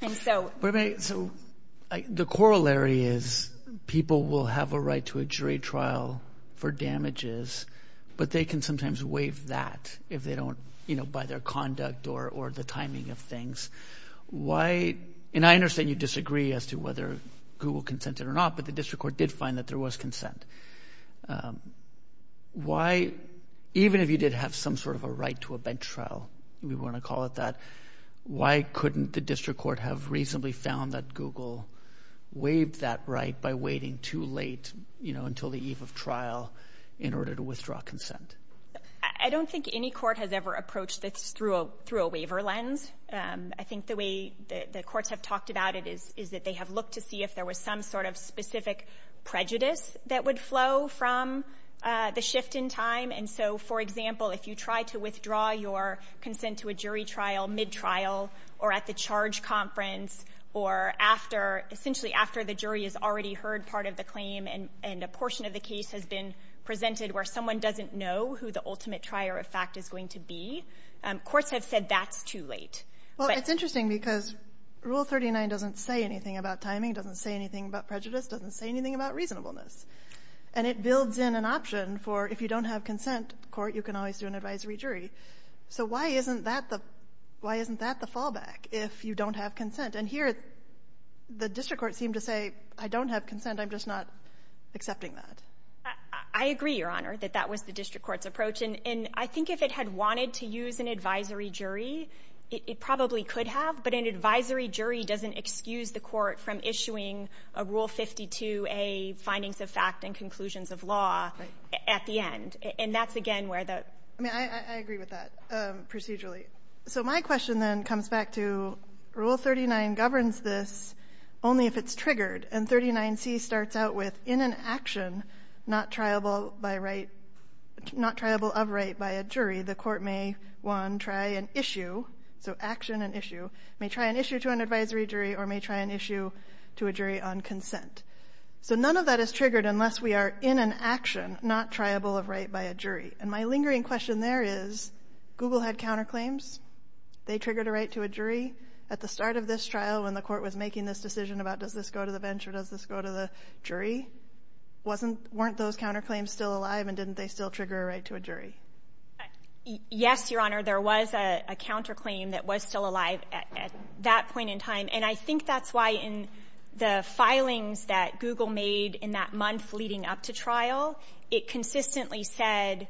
And so – So the corollary is people will have a right to a jury trial for damages, but they can sometimes waive that if they don't, you know, by their conduct or the timing of things. Why – and I understand you disagree as to whether Google consented or not, but the district court did find that there was consent. Why – even if you did have some sort of a right to a bench trial, we want to call it that, why couldn't the district court have reasonably found that Google waived that right by waiting too late, you know, until the eve of trial in order to withdraw consent? I don't think any court has ever approached this through a waiver lens. I think the way the courts have talked about it is that they have looked to see if there was some sort of specific prejudice that would flow from the shift in time. And so, for example, if you try to withdraw your consent to a jury trial mid-trial or at the charge conference or after – essentially after the jury has already heard part of the claim and a portion of the case has been presented where someone doesn't know who the ultimate trier of fact is going to be, courts have said that's too late. Well, it's interesting because Rule 39 doesn't say anything about timing, doesn't say anything about prejudice, doesn't say anything about reasonableness. And it builds in an option for if you don't have consent, the court, you can always do an advisory jury. So why isn't that the fallback if you don't have consent? And here, the district court seemed to say, I don't have consent, I'm just not accepting that. I agree, Your Honor, that that was the district court's approach. And I think if it had wanted to use an advisory jury, it probably could have. But an advisory jury doesn't excuse the court from issuing a Rule 52A, findings of fact and conclusions of law, at the end. And that's, again, where the – I mean, I agree with that procedurally. So my question then comes back to Rule 39 governs this only if it's triggered. And 39C starts out with, in an action not triable by right – not triable of right by a jury, the court may, one, try an issue – so action and issue – may try an issue to an advisory jury or may try an issue to a jury on consent. So none of that is triggered unless we are in an action not triable of right by a jury. And my lingering question there is, Google had counterclaims. They triggered a right to a jury. At the start of this trial, when the court was making this decision about, does this go to the bench or does this go to the jury, weren't those counterclaims still alive and didn't they still trigger a right to a jury? Yes, Your Honor, there was a counterclaim that was still alive at that point in time. And I think that's why in the filings that Google made in that month leading up to trial, it consistently said,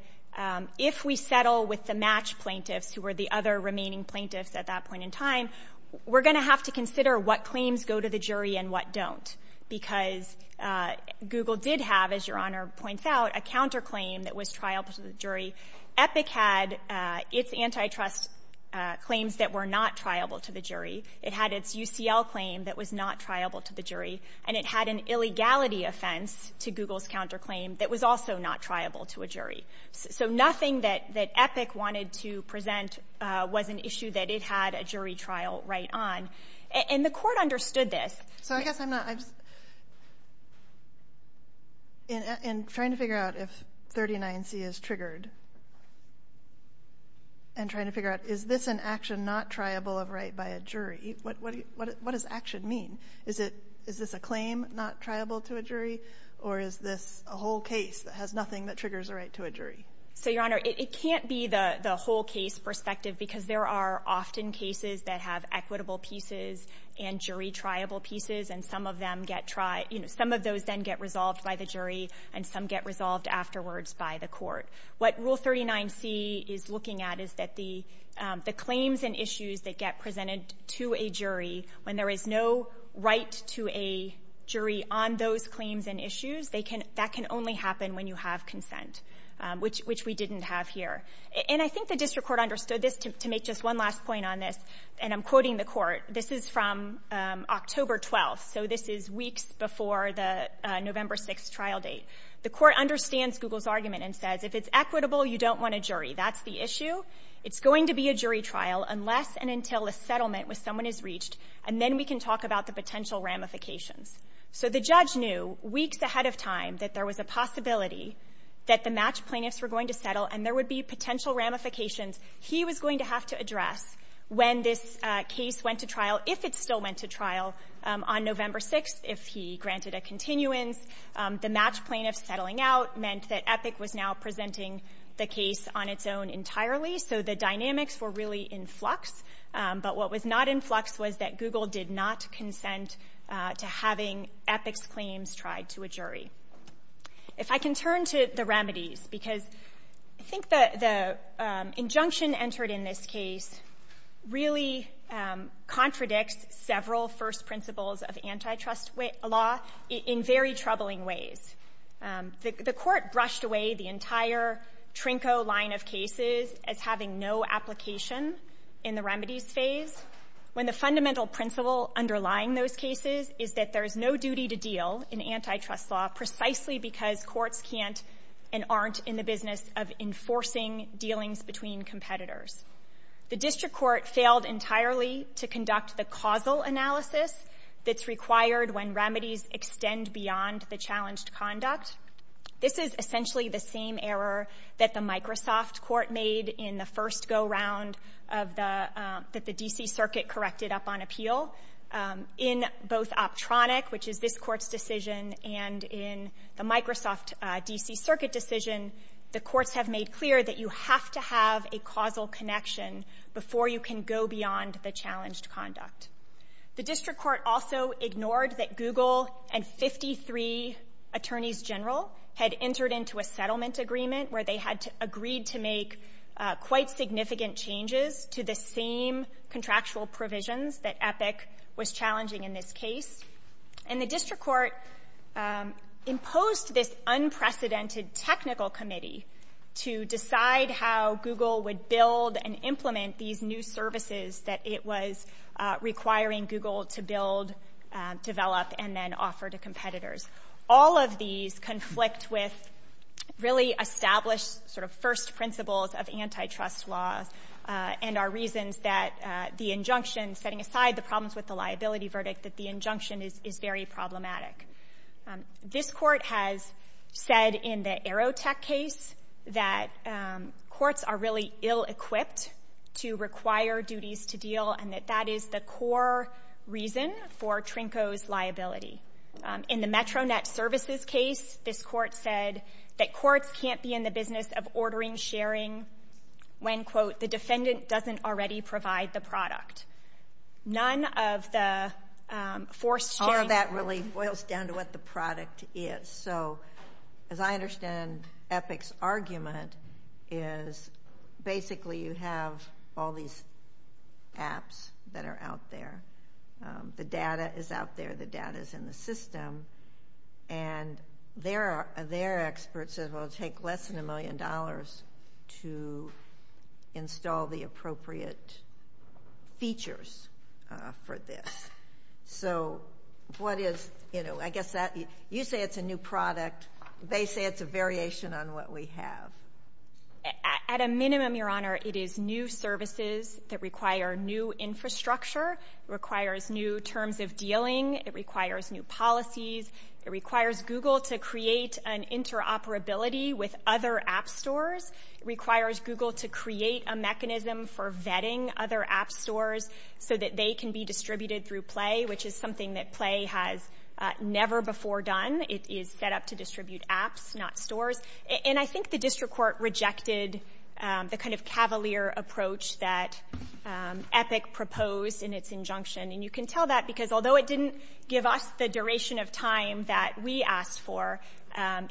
if we settle with the match plaintiffs, who were the other remaining plaintiffs at that point in time, we're going to have to consider what claims go to the jury and what don't. Because Google did have, as Your Honor points out, a counterclaim that was triable to the jury. EPIC had its antitrust claims that were not triable to the jury. It had its UCL claim that was not triable to the jury. And it had an illegality offense to Google's counterclaim that was also not triable to a jury. So nothing that EPIC wanted to present was an issue that it had a jury trial right on. And the court understood this. So I guess I'm not – in trying to figure out if 39C is triggered and trying to figure out, is this an action not triable of right by a jury, what does action mean? Is this a claim not triable to a jury or is this a whole case that has nothing that triggers a right to a jury? So, Your Honor, it can't be the whole case perspective because there are often cases that have equitable pieces and jury-triable pieces, and some of them get – some of those then get resolved by the jury and some get resolved afterwards by the court. What Rule 39C is looking at is that the claims and issues that get presented to a jury, when there is no right to a jury on those claims and issues, that can only happen when you have consent, which we didn't have here. And I think the district court understood this, to make just one last point on this, and I'm quoting the court. This is from October 12th, so this is weeks before the November 6th trial date. The court understands Google's argument and says, if it's equitable, you don't want a jury. That's the issue. It's going to be a jury trial unless and until a settlement with someone is reached, and then we can talk about the potential ramifications. So the judge knew, weeks ahead of time, that there was a possibility that the match plaintiffs were going to settle and there would be potential ramifications he was going to have to address when this case went to trial, if it still went to trial, on November 6th, if he granted a continuance. The match plaintiffs settling out meant that EPIC was now presenting the case on its own entirely, so the dynamics were really in flux, but what was not in flux was that Google did not consent to having EPIC's claims tried to a jury. If I can turn to the remedies, because I think the injunction entered in this case really contradicts several first principles of antitrust law in very troubling ways. The court brushed away the entire Trinco line of cases as having no application in the remedies phase when the fundamental principle underlying those cases is that there is no duty to deal in antitrust law precisely because courts can't and aren't in the business of enforcing dealings between competitors. The district court failed entirely to conduct the causal analysis that's required when remedies extend beyond the challenged conduct. This is essentially the same error that the Microsoft court made in the first go-round that the D.C. Circuit corrected up on appeal. In both Optronic, which is this court's decision, and in the Microsoft D.C. Circuit decision, the courts have made clear that you have to have a causal connection before you can go beyond the challenged conduct. The district court also ignored that Google and 53 attorneys general had entered into a settlement agreement where they had agreed to make quite significant changes to the same contractual provisions that EPIC was challenging in this case. And the district court imposed this unprecedented technical committee to decide how Google would build and implement these new services that it was requiring Google to build, develop, and then offer to competitors. All of these conflict with really established first principles of antitrust law and are reasons that the injunction, setting aside the problems with the liability verdict, that the injunction is very problematic. This court has said in the Aerotech case that courts are really ill-equipped to require duties to deal and that that is the core reason for Trinko's liability. In the Metro Net Services case, this court said that courts can't be in the business of ordering sharing when, quote, the defendant doesn't already provide the product. None of the forced sharing... All of that really boils down to what the product is. So, as I understand EPIC's argument, is basically you have all these apps that are out there. The data is out there. The data is in the system. And their expert says it will take less than a million dollars to install the appropriate features for this. So, I guess you say it's a new product. They say it's a variation on what we have. At a minimum, Your Honor, it is new services that require new infrastructure, requires new terms of dealing, it requires new policies, it requires Google to create an interoperability with other app stores, it requires Google to create a mechanism for vetting other app stores so that they can be distributed through Play, which is something that Play has never before done. It is set up to distribute apps, not stores. And I think the district court rejected the kind of cavalier approach that EPIC proposed in its injunction. And you can tell that because, although it didn't give us the duration of time that we asked for,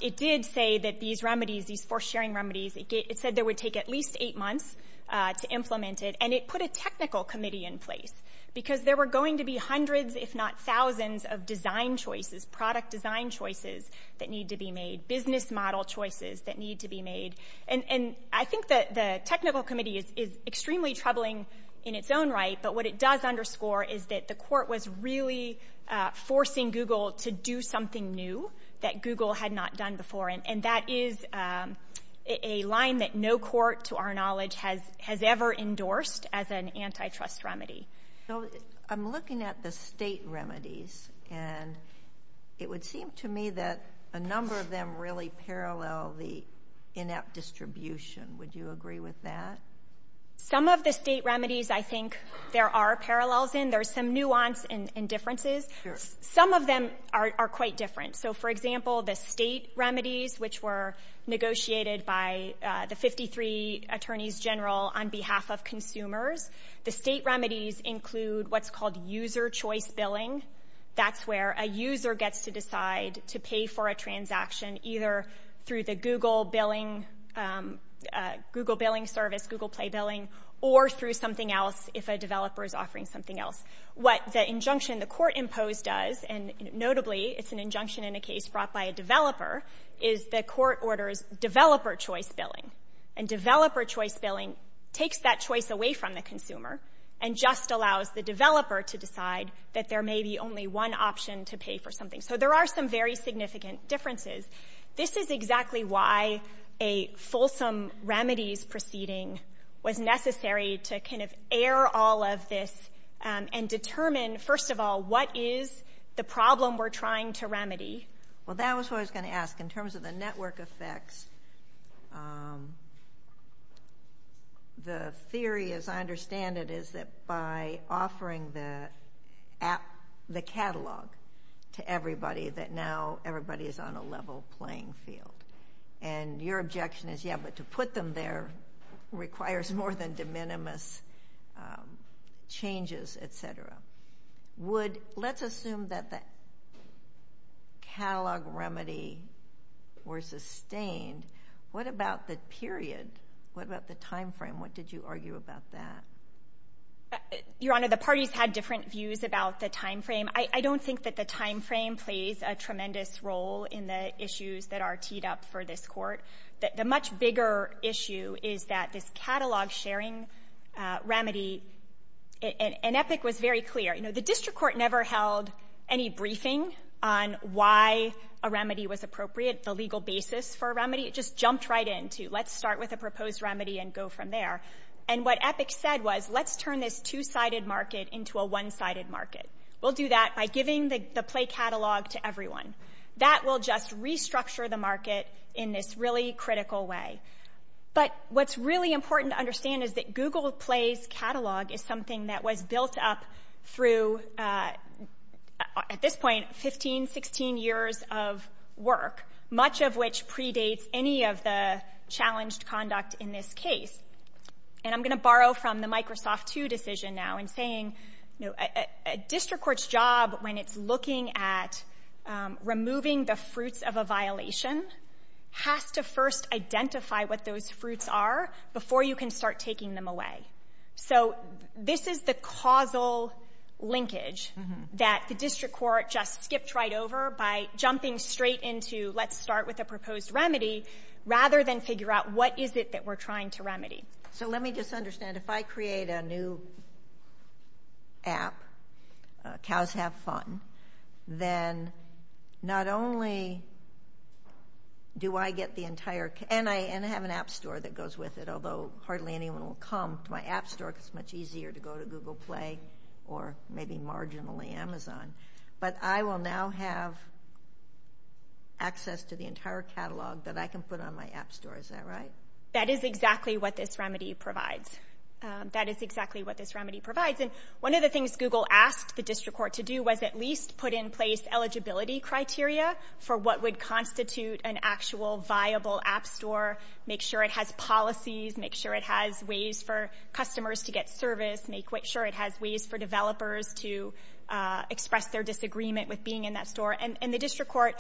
it did say that these remedies, these forced sharing remedies, it said they would take at least eight months to implement it. And it put a technical committee in place because there were going to be hundreds if not thousands of design choices, product design choices that need to be made, business model choices that need to be made. And I think that the technical committee is extremely troubling in its own right, but what it does underscore is that the court was really forcing Google to do something new that Google had not done before. And that is a line that no court, to our knowledge, has ever endorsed as an antitrust remedy. So I'm looking at the state remedies, and it would seem to me that a number of them really parallel the in-app distribution. Would you agree with that? Some of the state remedies I think there are parallels in. There's some nuance and differences. Some of them are quite different. So, for example, the state remedies, which were negotiated by the 53 Attorneys General on behalf of consumers, the state remedies include what's called user choice billing. That's where a user gets to decide to pay for a transaction either through the Google billing service, Google Play billing, or through something else if a developer is offering something else. What the injunction the court imposed does, and notably it's an injunction in a case brought by a developer, is the court orders developer choice billing. And developer choice billing takes that choice away from the consumer and just allows the developer to decide that there may be only one option to pay for something. So there are some very significant differences. This is exactly why a fulsome remedies proceeding was necessary to kind of cover all of this and determine, first of all, what is the problem we're trying to remedy. Well, that was what I was going to ask. In terms of the network effects, the theory, as I understand it, is that by offering the catalog to everybody that now everybody is on a level playing field. And your objection is, yeah, but to put them there requires more than de minimis changes, et cetera. Let's assume that the catalog remedy were sustained. What about the period? What about the timeframe? What did you argue about that? Your Honor, the parties had different views about the timeframe. I don't think that the timeframe plays a tremendous role in the issues that are keyed up for this court. The much bigger issue is that this catalog sharing remedy, and Epic was very clear, the district court never held any briefing on why a remedy was appropriate, the legal basis for a remedy. It just jumped right in to let's start with a proposed remedy and go from there. And what Epic said was let's turn this two-sided market into a one-sided market. We'll do that by giving the play catalog to everyone. That will just restructure the market in this really critical way. But what's really important to understand is that Google Play's catalog is something that was built up through, at this point, 15, 16 years of work, much of which predates any of the challenged conduct in this case. And I'm going to borrow from the Microsoft 2 decision now in saying a district court's job when it's looking at removing the fruits of a violation has to first identify what those fruits are before you can start taking them away. So this is the causal linkage that the district court just skipped right over by jumping straight into let's start with a proposed remedy rather than figure out what is it that we're trying to remedy. So let me just understand. If I create a new app, Cows Have Fun, then not only do I get the entire, and I have an app store that goes with it, although hardly anyone will come to my app store because it's much easier to go to Google Play or maybe marginally Amazon, but I will now have access to the entire catalog that I can put on my app store. Is that right? That is exactly what this remedy provides. That is exactly what this remedy provides. And one of the things Google asked the district court to do was at least put in place eligibility criteria for what would constitute an actual viable app store, make sure it has policies, make sure it has ways for customers to get service, make sure it has ways for developers to express their disagreement with being in that store. And the district court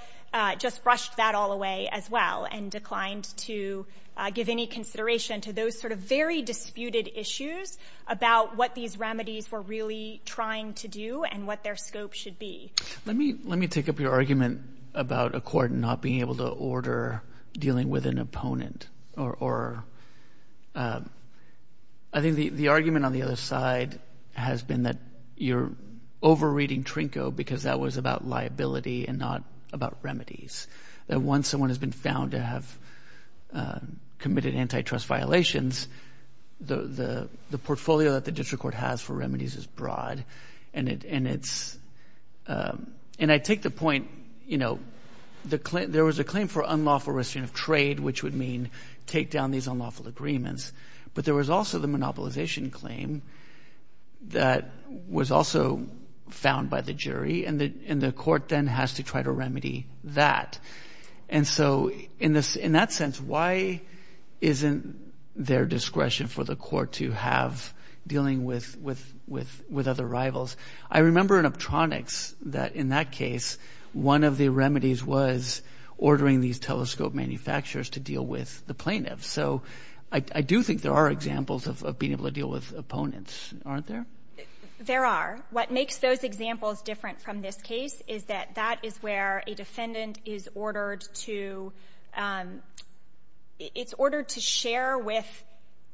just brushed that all away as well and declined to give any consideration to those sort of very disputed issues about what these remedies were really trying to do and what their scope should be. Let me take up your argument about a court not being able to order dealing with an opponent. I think the argument on the other side has been that you're over-reading Trinko because that was about liability and not about remedies. That once someone has been found to have committed antitrust violations, the portfolio that the district court has for remedies is broad and it's, and I take the point, you know, there was a claim for unlawful restriction of trade, which would mean take down these unlawful agreements, but there was also the monopolization claim that was also found by the jury and the court then has to try to remedy that. And so in that sense, why isn't there discretion for the court to have dealing with other rivals? I remember in Optronics that in that case, one of the remedies was ordering these telescope manufacturers to deal with the plaintiffs. So I do think there are examples of being able to deal with opponents, aren't there? There are. What makes those examples different from this case is that that is where a defendant is ordered to, it's ordered to share with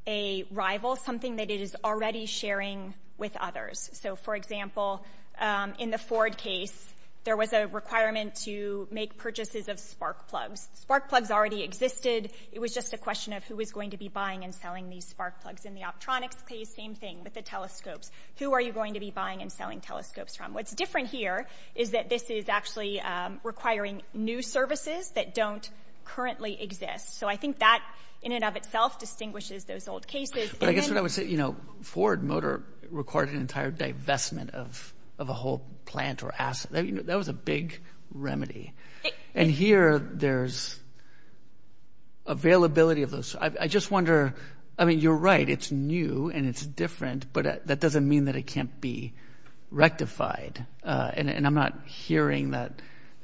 a rival, something that it is already sharing with others. So for example, in the Ford case, there was a requirement to make purchases of spark plugs. Spark plugs already existed. It was just a question of who was going to be buying and selling these spark plugs? Who are you going to be buying and selling telescopes from? What's different here is that this is actually requiring new services that don't currently exist. So I think that in and of itself distinguishes those old cases. Ford Motor required an entire divestment of a whole plant or asset. That was a big remedy. And here there's availability of those. I just wonder, I mean, you're right. It's new and it's different, but that doesn't mean that it can't be rectified. And I'm not hearing that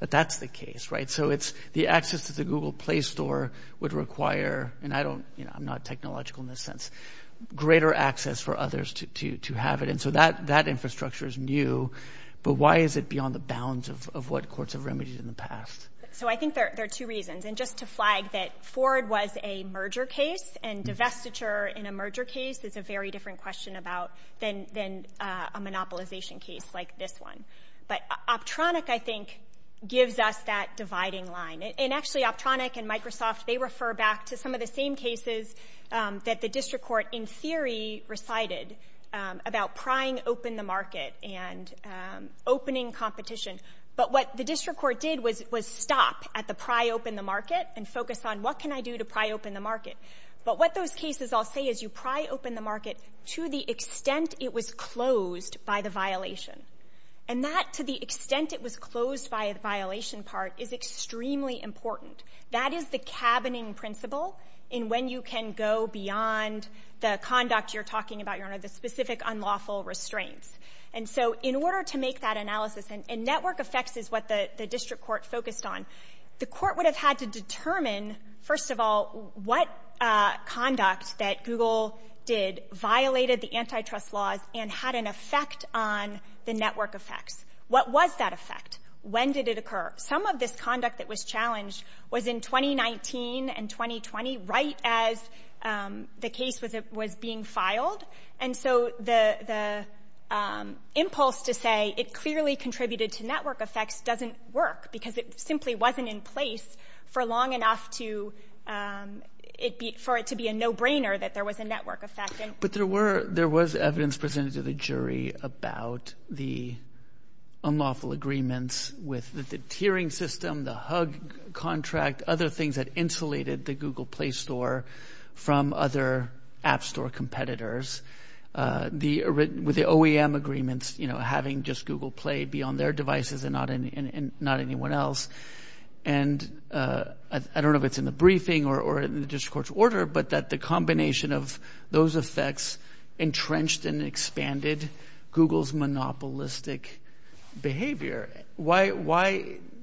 that's the case, right? So it's the access to the Google play store would require, and I don't, you know, I'm not technological in this sense, greater access for others to have it. And so that infrastructure is new, but why is it beyond the bounds of what courts have remedied in the past? So I think there are two reasons. And just to flag that Ford was a merger case and divestiture in a merger case is a very different question about than a monopolization case like this one. But Optronic, I think, gives us that dividing line. And actually Optronic and Microsoft, they refer back to some of the same cases that the district court in theory recited about prying open the market and opening competition. But what the district court did was stop at the pry open the market and focus on what can I do to pry open the market? But what those cases all say is you pry open the market to the extent it was closed by the violation. And that to the extent it was closed by a violation part is extremely important. That is the cabining principle in when you can go beyond the conduct you're talking about, you're under the specific unlawful restraints. And so in order to make that analysis and network effects is what the district court focused on. The court would have had to determine, first of all, what conduct that Google did violated the antitrust laws and had an effect on the network effect. What was that effect? When did it occur? Some of this conduct that was challenged was in 2019 and 2020, right as the case was being filed. And so the impulse to say it clearly contributed to network effects doesn't work because it simply wasn't in place for long enough for it to be a no brainer that there was a network effect. But there was evidence presented to the jury about the unlawful agreements with the tiering system, the HUG contract, other things that insulated the Google Play Store from other app store competitors. With the OEM agreements, having just Google Play be on their devices and not anyone else. And I don't know if it's in the briefing or in the district court's order, but that the combination of those effects entrenched and expanded Google's monopolistic behavior. Why,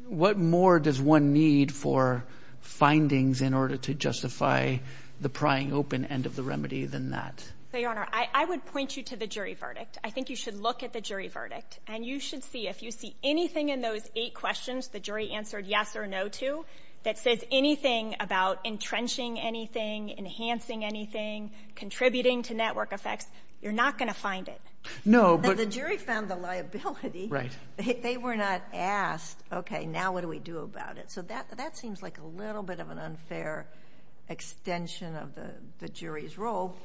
what more does one need for findings in order to justify the prying open end of the remedy than that? I would point you to the jury verdict. I think you should look at the jury verdict and you should see if you see anything in those eight questions, the jury answered yes or no to that says anything about entrenching anything, enhancing anything, contributing to network effects. You're not going to find it. No, but the jury found the liability. They were not asked, okay, now what do we do about it? So that, that seems like a little bit of an unfair extension of the jury's role.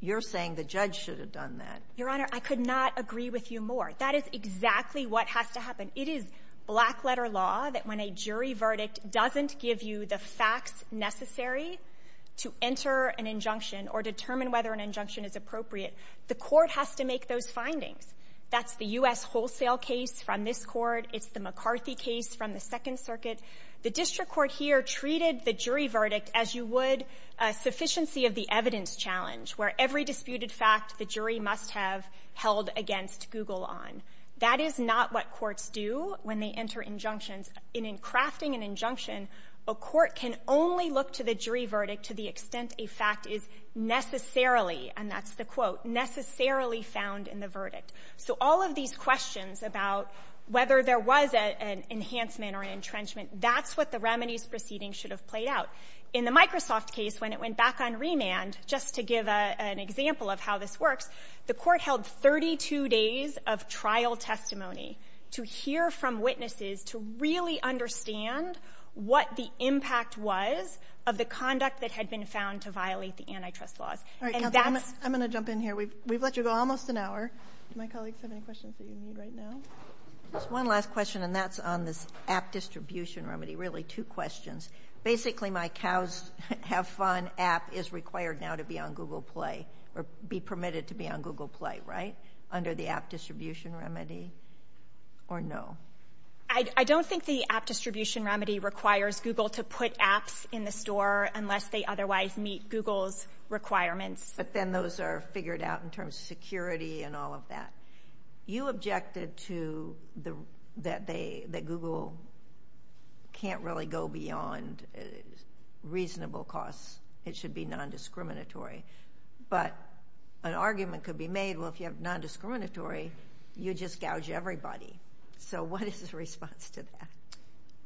You're saying the judge should have done that. Your Honor, I could not agree with you more. That is exactly what has to happen. It is black letter law that when a jury verdict doesn't give you the facts necessary to enter an injunction or determine whether an injunction is appropriate, the court has to make those findings. That's the U.S. wholesale case from this court. It's the McCarthy case from the second circuit. The district court here treated the jury verdict as you would a sufficiency of the evidence challenge where every disputed fact the jury must have held against Google on. That is not what courts do when they enter injunctions. In crafting an injunction, a court can only look to the jury verdict to the extent a fact is necessarily, and that's the quote, necessarily found in the verdict. So all of these questions about whether there was an enhancement or entrenchment, that's what the remedies proceeding should have played out. In the Microsoft case, when it went back on remand, just to give an example of how this works, the court held 32 days of trial testimony to hear from witnesses to really understand what the impact was of the conduct that had been found to violate the antitrust laws. I'm going to jump in here. We've let you go almost an hour. Do my colleagues have any questions they need right now? One last question, and that's on this app distribution remedy, really two questions. Basically my cows have fun app is required now to be on Google Play, or be permitted to be on Google Play, right, under the app distribution remedy or no? I don't think the app distribution remedy requires Google to put apps in the store unless they otherwise meet Google's requirements. But then those are figured out in terms of security and all of that. You objected to that Google can't really go beyond reasonable costs. It should be nondiscriminatory. But an argument could be made, well, if you have nondiscriminatory, you just gouge everybody. So what is the response to that?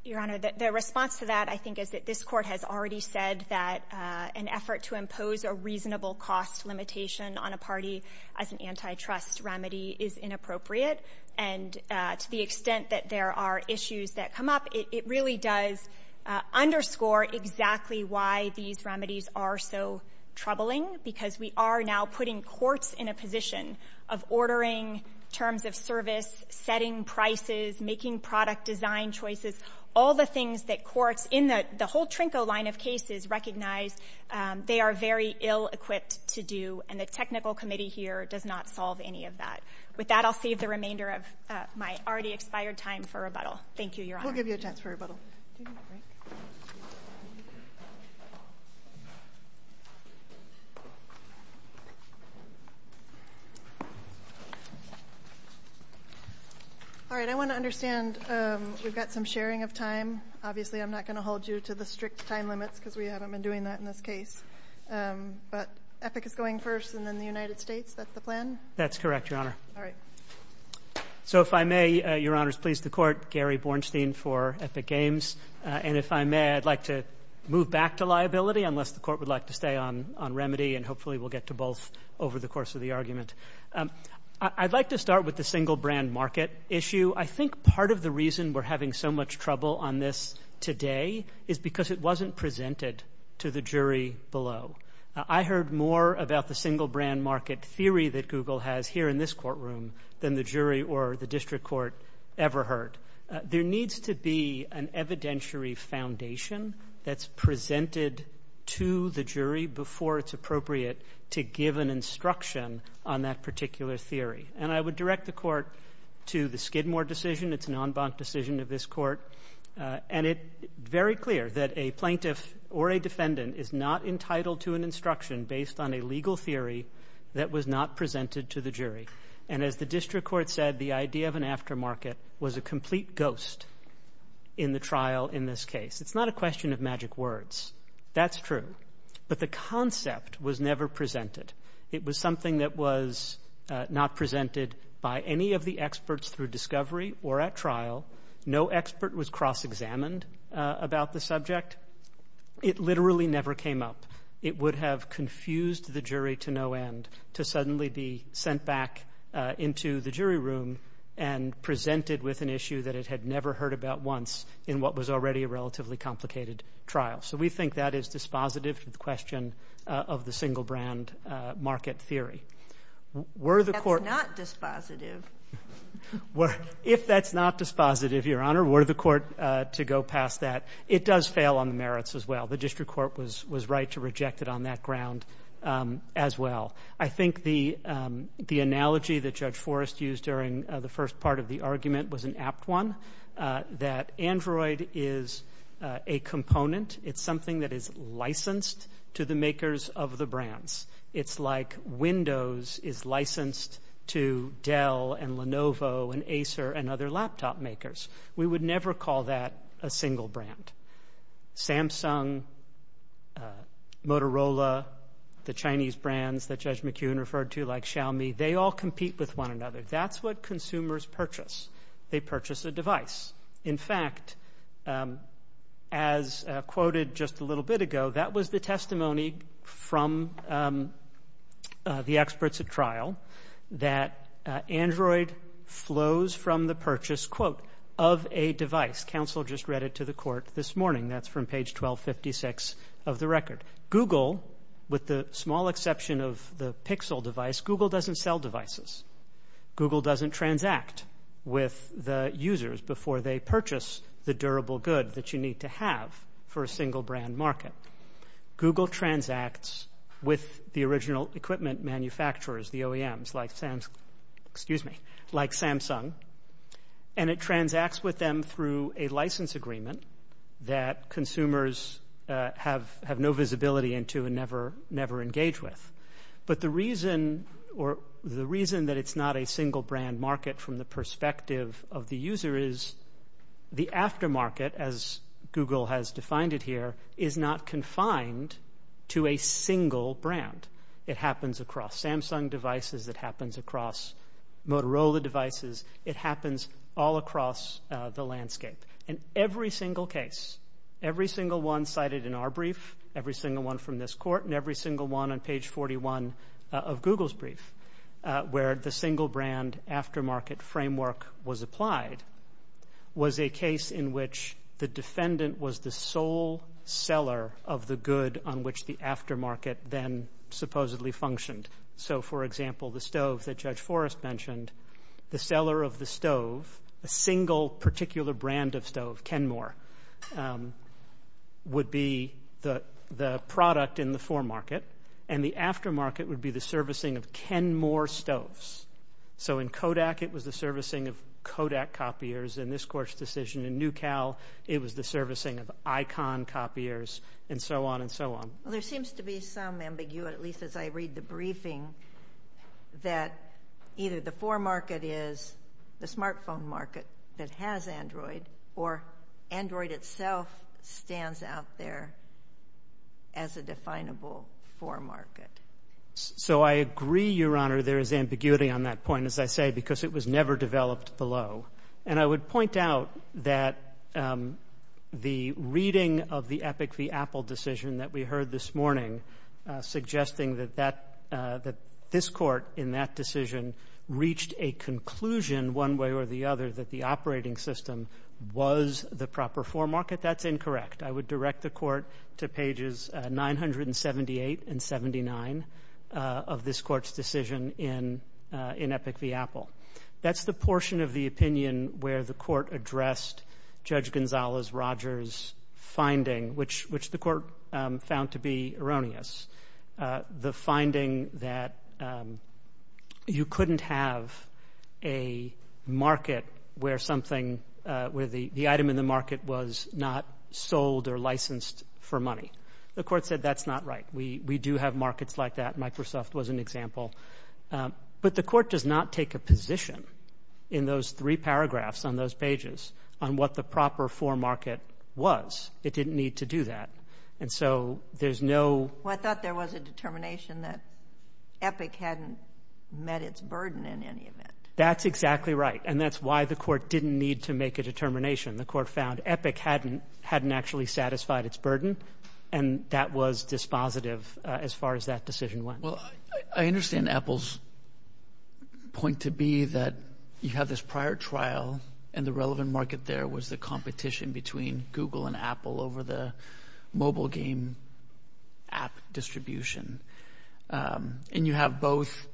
Your Honor, the response to that, I think, is that this court has already said that an effort to impose a reasonable cost limitation on a party as an antitrust remedy is inappropriate. And to the extent that there are issues that come up, it really does underscore exactly why these remedies are so troubling, because we are now putting courts in a position of ordering terms of service, setting prices, making product design choices, all the things that courts in the whole Trinco line of cases recognize they are very ill-equipped to do. And the technical committee here does not solve any of that. With that, I'll save the remainder of my already expired time for rebuttal. Thank you, Your Honor. We'll give you a chance for rebuttal. All right, I want to understand we've got some sharing of time. Obviously, I'm not going to hold you to the strict time limit, because we haven't been doing that in this case. But Epic is going first, and then the United States. That's the plan? That's correct, Your Honor. All right. So if I may, Your Honor, please, the court, Gary Bornstein for Epic Games. And if I may, I'd like to move back to liability, unless the court would like to stay on remedy, and hopefully we'll get to both over the course of the argument. I'd like to start with the single brand market issue. I think part of the reason we're having so much trouble on this today is because it wasn't presented to the jury below. I heard more about the single brand market theory that Google has here in this courtroom than the jury or the district court ever heard. There needs to be an evidentiary foundation that's presented to the jury before it's appropriate to give an instruction on that particular theory. And I would direct the court to the Skidmore decision. It's an en banc decision of this court. And it's very clear that a plaintiff or a defendant is not entitled to an instruction based on a legal theory that was not presented to the jury. And as the district court said, the idea of an aftermarket was a complete ghost in the trial in this case. It's not a question of magic words. That's true. But the concept was never presented. It was something that was not presented by any of the experts through discovery or at trial. No expert was cross-examined about the subject. It literally never came up. It would have confused the jury to no end to suddenly be sent back into the jury room and presented with an issue that it had never heard about once in what was already a relatively complicated trial. So we think that is dispositive to the question of the single brand market theory. That's not dispositive. If that's not dispositive, Your Honor, we're the court to go past that. It does fail on the merits as well. The district court was right to reject it on that ground as well. I think the analogy that Judge Forrest used during the first part of the argument was an apt one, that Android is a component. It's something that is licensed to the makers of the brands. It's like Windows is licensed to Dell and Lenovo and Acer and other laptop makers. We would never call that a single brand. Samsung, Motorola, the Chinese brands that Judge McKeown referred to like Xiaomi, they all compete with one another. That's what consumers purchase. They purchase a device. In fact, as quoted just a little bit ago, that was the testimony from the experts at trial, that Android flows from the purchase, quote, of a device. Counsel just read it to the court this morning. That's from page 1256 of the record. Google, with the small exception of the Pixel device, Google doesn't sell devices. Google doesn't transact with the users before they purchase the durable good that you need to have for a single brand market. Google transacts with the original equipment manufacturers, the OEMs, like Samsung, and it transacts with them through a license agreement that consumers have no visibility into and never engage with. But the reason that it's not a single brand market from the perspective of the user is the aftermarket, as Google has defined it here, is not confined to a single brand. It happens across Samsung devices. It happens across Motorola devices. It happens all across the landscape. In every single case, every single one cited in our brief, every single one from this court, and every single one on page 41 of Google's brief, where the single brand aftermarket framework was applied, was a case in which the defendant was the sole seller of the good on which the aftermarket then supposedly functioned. So, for example, the stove that Judge Forrest mentioned, the seller of the stove, a single particular brand of stove, Kenmore, would be the product in the foremarket, and the aftermarket would be the servicing of Kenmore stoves. So in Kodak, it was the servicing of Kodak copiers in this court's decision. In NewCal, it was the servicing of Icon copiers, and so on and so on. Well, there seems to be some ambiguity, at least as I read the briefing, that either the foremarket is the smartphone market that has Android, or Android itself stands out there as a definable foremarket. So I agree, Your Honor, there is ambiguity on that point, as I say, because it was never developed below. And I would point out that the reading of the Epic v. Apple decision that we heard this morning, suggesting that this court in that decision reached a conclusion one way or the other that the operating system was the proper foremarket, that's incorrect. I would direct the court to pages 978 and 79 of this court's decision in Epic v. Apple. That's the portion of the opinion where the court addressed Judge Gonzalez-Rogers' finding, which the court found to be erroneous, the finding that you couldn't have a market where the item in the market was not sold or licensed for money. The court said that's not right. We do have markets like that. Microsoft was an example. But the court does not take a position in those three paragraphs on those pages on what the proper foremarket was. It didn't need to do that. And so there's no... Well, I thought there was a determination that Epic hadn't met its burden in any event. That's exactly right. And that's why the court didn't need to make a determination. The court found Epic hadn't actually satisfied its burden, and that was dispositive as far as that decision went. Well, I understand Apple's point to be that you have this prior trial, and the relevant market there was the competition between Google and Apple over the mobile game app distribution. And you have both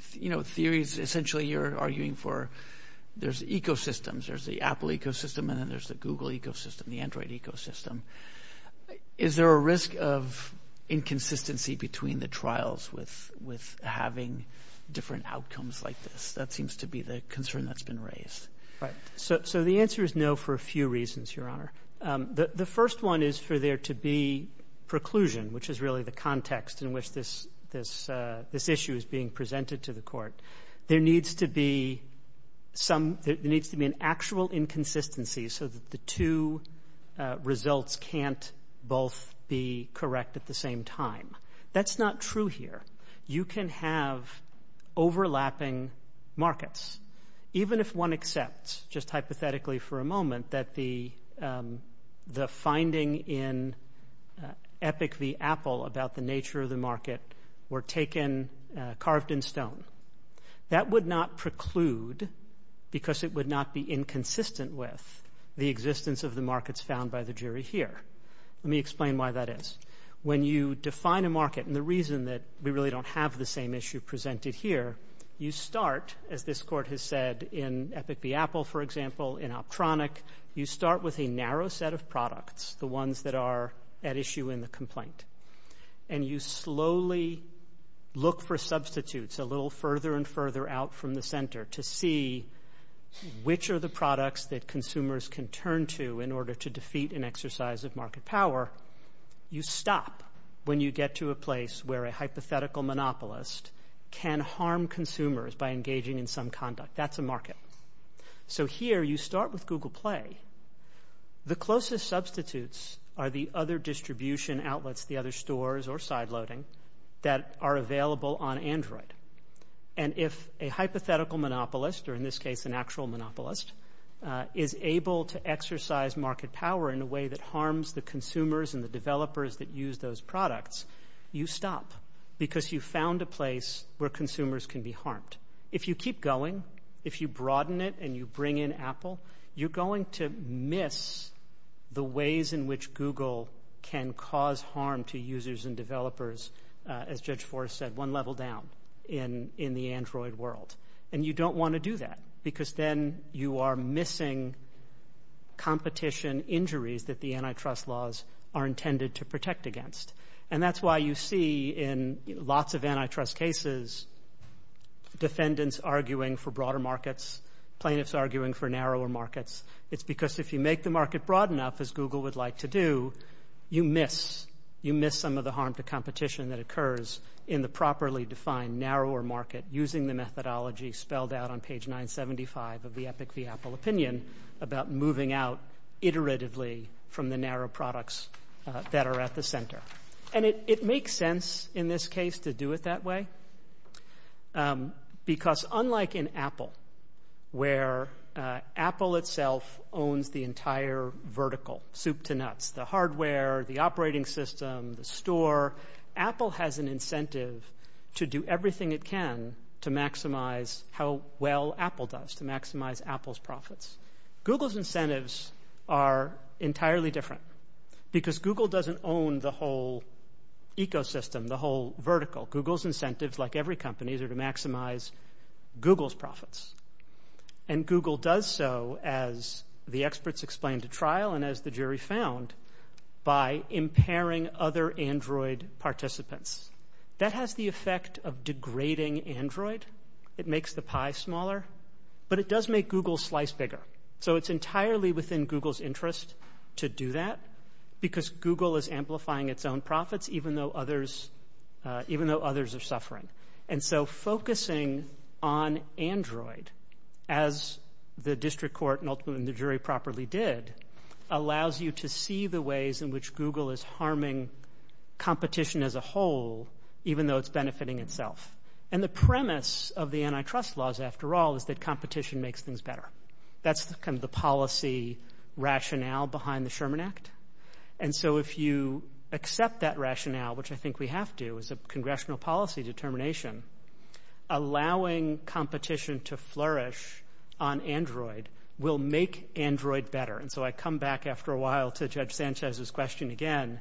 theories. Essentially, you're arguing for there's ecosystems. There's the Apple ecosystem, and then there's the Google ecosystem, the Android ecosystem. Is there a risk of inconsistency between the trials with having different outcomes like this? That seems to be the concern that's been raised. So the answer is no for a few reasons, Your Honor. The first one is for there to be preclusion, which is really the context in which this issue is being presented to the court. There needs to be an actual inconsistency so that the two results can't both be correct at the same time. That's not true here. You can have overlapping markets, even if one accepts just hypothetically for a moment that the finding in Epic v. Apple about the nature of the market were carved in stone. That would not preclude, because it would not be inconsistent with, the existence of the markets found by the jury here. Let me explain why that is. When you define a market, and the reason that we really don't have the same issue presented here, you start, as this court has said, in Epic v. Apple, for example, in Optronic, you start with a narrow set of products, the ones that are at issue in the complaint. And you slowly look for substitutes a little further and further out from the center to see which are the products that consumers can turn to in order to defeat an exercise of market power. Or you stop when you get to a place where a hypothetical monopolist can harm consumers by engaging in some conduct. That's a market. So here you start with Google Play. The closest substitutes are the other distribution outlets, the other stores or sideloading that are available on Android. And if a hypothetical monopolist, or in this case an actual monopolist, is able to exercise market power in a way that harms the consumers and the developers that use those products, you stop, because you found a place where consumers can be harmed. If you keep going, if you broaden it and you bring in Apple, you're going to miss the ways in which Google can cause harm to users and developers, as Judge Forrest said, one level down in the Android world. And you don't want to do that, because then you are missing competition injuries that the antitrust laws are intended to protect against. And that's why you see in lots of antitrust cases defendants arguing for broader markets, plaintiffs arguing for narrower markets. It's because if you make the market broad enough, as Google would like to do, you miss some of the harm to competition that occurs in the properly defined narrower market using the methodology spelled out on page 975 of the Epic v. Apple opinion about moving out iteratively from the narrow products that are at the center. And it makes sense in this case to do it that way, because unlike in Apple, where Apple itself owns the entire vertical, soup to nuts, the hardware, the operating system, the store, Apple has an incentive to do everything it can to maximize how well Apple does, to maximize Apple's profits. Google's incentives are entirely different, because Google doesn't own the whole ecosystem, the whole vertical. Google's incentives, like every company's, are to maximize Google's profits. And Google does so, as the experts explain to trial and as the jury found, by impairing other Android participants. That has the effect of degrading Android. It makes the pie smaller, but it does make Google's slice bigger. So it's entirely within Google's interest to do that, because Google is amplifying its own profits, even though others are suffering. And so focusing on Android, as the district court and ultimately the jury properly did, allows you to see the ways in which Google is harming competition as a whole, even though it's benefiting itself. And the premise of the antitrust laws, after all, is that competition makes things better. That's kind of the policy rationale behind the Sherman Act. And so if you accept that rationale, which I think we have to, as a congressional policy determination, allowing competition to flourish on Android will make Android better. And so I come back after a while to Judge Sanchez's question again.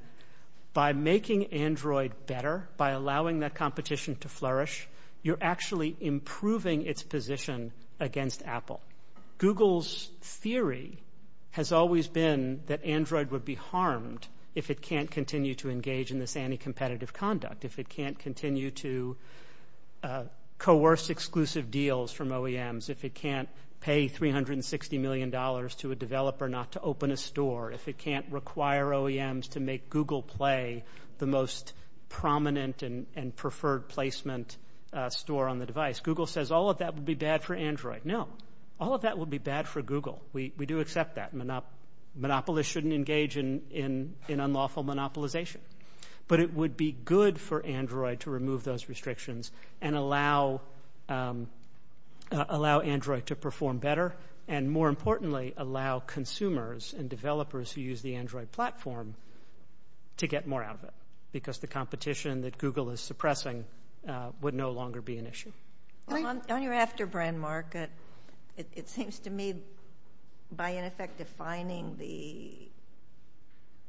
By making Android better, by allowing that competition to flourish, you're actually improving its position against Apple. Google's theory has always been that Android would be harmed if it can't continue to engage in this anti-competitive conduct, if it can't continue to coerce exclusive deals from OEMs, if it can't pay $360 million to a developer not to open a store, if it can't require OEMs to make Google Play the most prominent and preferred placement store on the device. Google says all of that would be bad for Android. No, all of that would be bad for Google. We do accept that. Monopolists shouldn't engage in unlawful monopolization. But it would be good for Android to remove those restrictions and allow Android to perform better, and more importantly, allow consumers and developers who use the Android platform to get more out of it, because the competition that Google is suppressing would no longer be an issue. On your after-brand market, it seems to me, by in effect defining the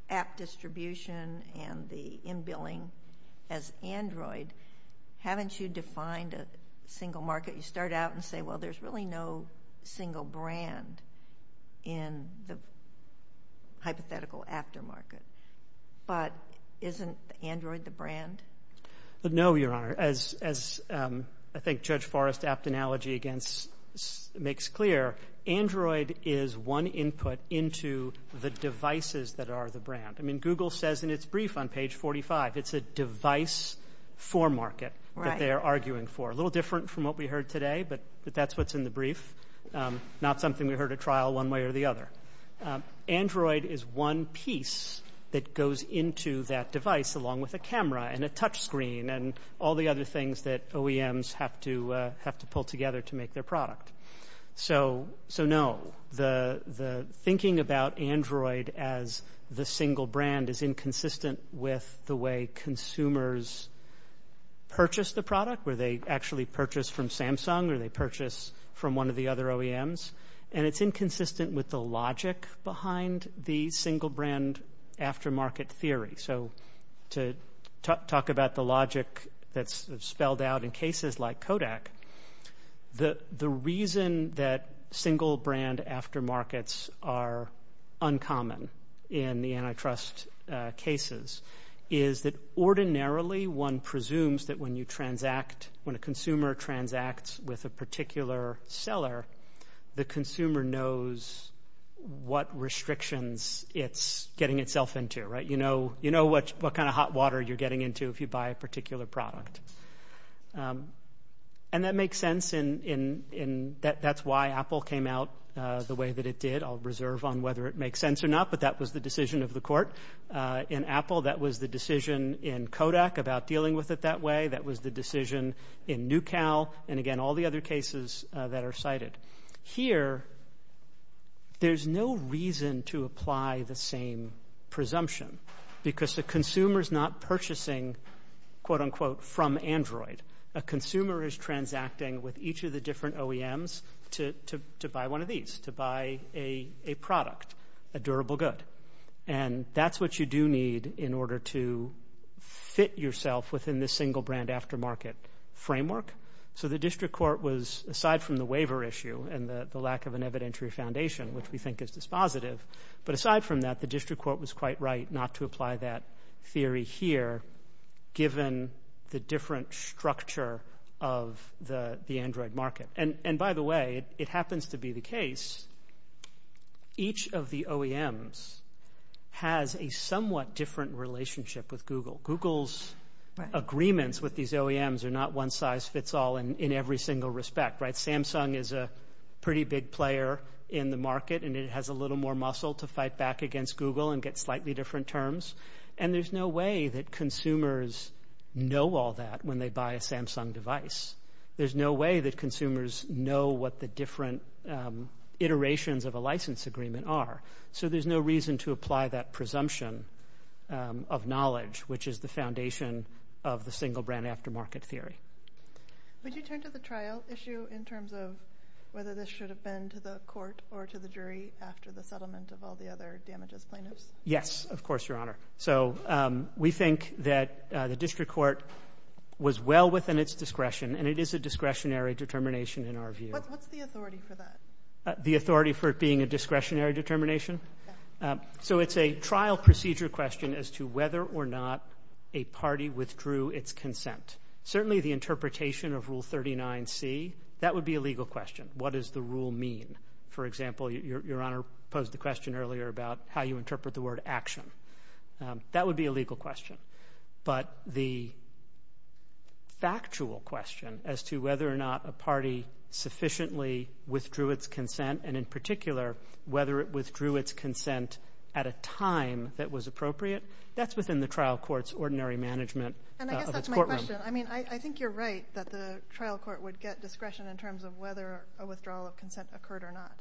app distribution and the in-billing as Android, haven't you defined a single market? You start out and say, well, there's really no single brand in the hypothetical after-market. But isn't Android the brand? No, Your Honor. As I think Judge Forrest's apt analogy makes clear, Android is one input into the devices that are the brand. I mean, Google says in its brief on page 45, it's a device for market that they are arguing for. A little different from what we heard today, but that's what's in the brief, not something we heard at trial one way or the other. Android is one piece that goes into that device along with a camera and a touch screen and all the other things that OEMs have to pull together to make their product. So no, the thinking about Android as the single brand is inconsistent with the way consumers purchase the product, whether they actually purchase from Samsung or they purchase from one of the other OEMs. And it's inconsistent with the logic behind the single brand after-market theory. So to talk about the logic that's spelled out in cases like Kodak, the reason that single brand after-markets are uncommon in the antitrust cases, is that ordinarily one presumes that when you transact, when a consumer transacts with a particular seller, the consumer knows what restrictions it's getting itself into. You know what kind of hot water you're getting into if you buy a particular product. And that makes sense and that's why Apple came out the way that it did. I'll reserve on whether it makes sense or not, but that was the decision of the court. In Apple, that was the decision in Kodak about dealing with it that way. That was the decision in NewCal and, again, all the other cases that are cited. Here, there's no reason to apply the same presumption because the consumer's not purchasing, quote-unquote, from Android. A consumer is transacting with each of the different OEMs to buy one of these, to buy a product, a durable good. And that's what you do need in order to fit yourself within this single brand after-market framework. So the district court was, aside from the waiver issue and the lack of an evidentiary foundation, which we think is dispositive, but aside from that, the district court was quite right not to apply that theory here given the different structure of the Android market. And, by the way, it happens to be the case, each of the OEMs has a somewhat different relationship with Google. Google's agreements with these OEMs are not one-size-fits-all in every single respect. Samsung is a pretty big player in the market and it has a little more muscle to fight back against Google and get slightly different terms. And there's no way that consumers know all that when they buy a Samsung device. There's no way that consumers know what the different iterations of a license agreement are. So there's no reason to apply that presumption of knowledge, which is the foundation of the single brand after-market theory. Would you turn to the trial issue in terms of whether this should have been to the court or to the jury after the settlement of all the other damages? Yes, of course, Your Honor. So we think that the district court was well within its discretion and it is a discretionary determination in our view. What's the authority for that? The authority for it being a discretionary determination? So it's a trial procedure question as to whether or not a party withdrew its consent. Certainly the interpretation of Rule 39C, that would be a legal question. What does the rule mean? For example, Your Honor posed the question earlier about how you interpret the word action. That would be a legal question. But the factual question as to whether or not a party sufficiently withdrew its consent and in particular whether it withdrew its consent at a time that was appropriate, that's within the trial court's ordinary management of its courtroom. I think you're right that the trial court would get discretion in terms of whether a withdrawal of consent occurred or not.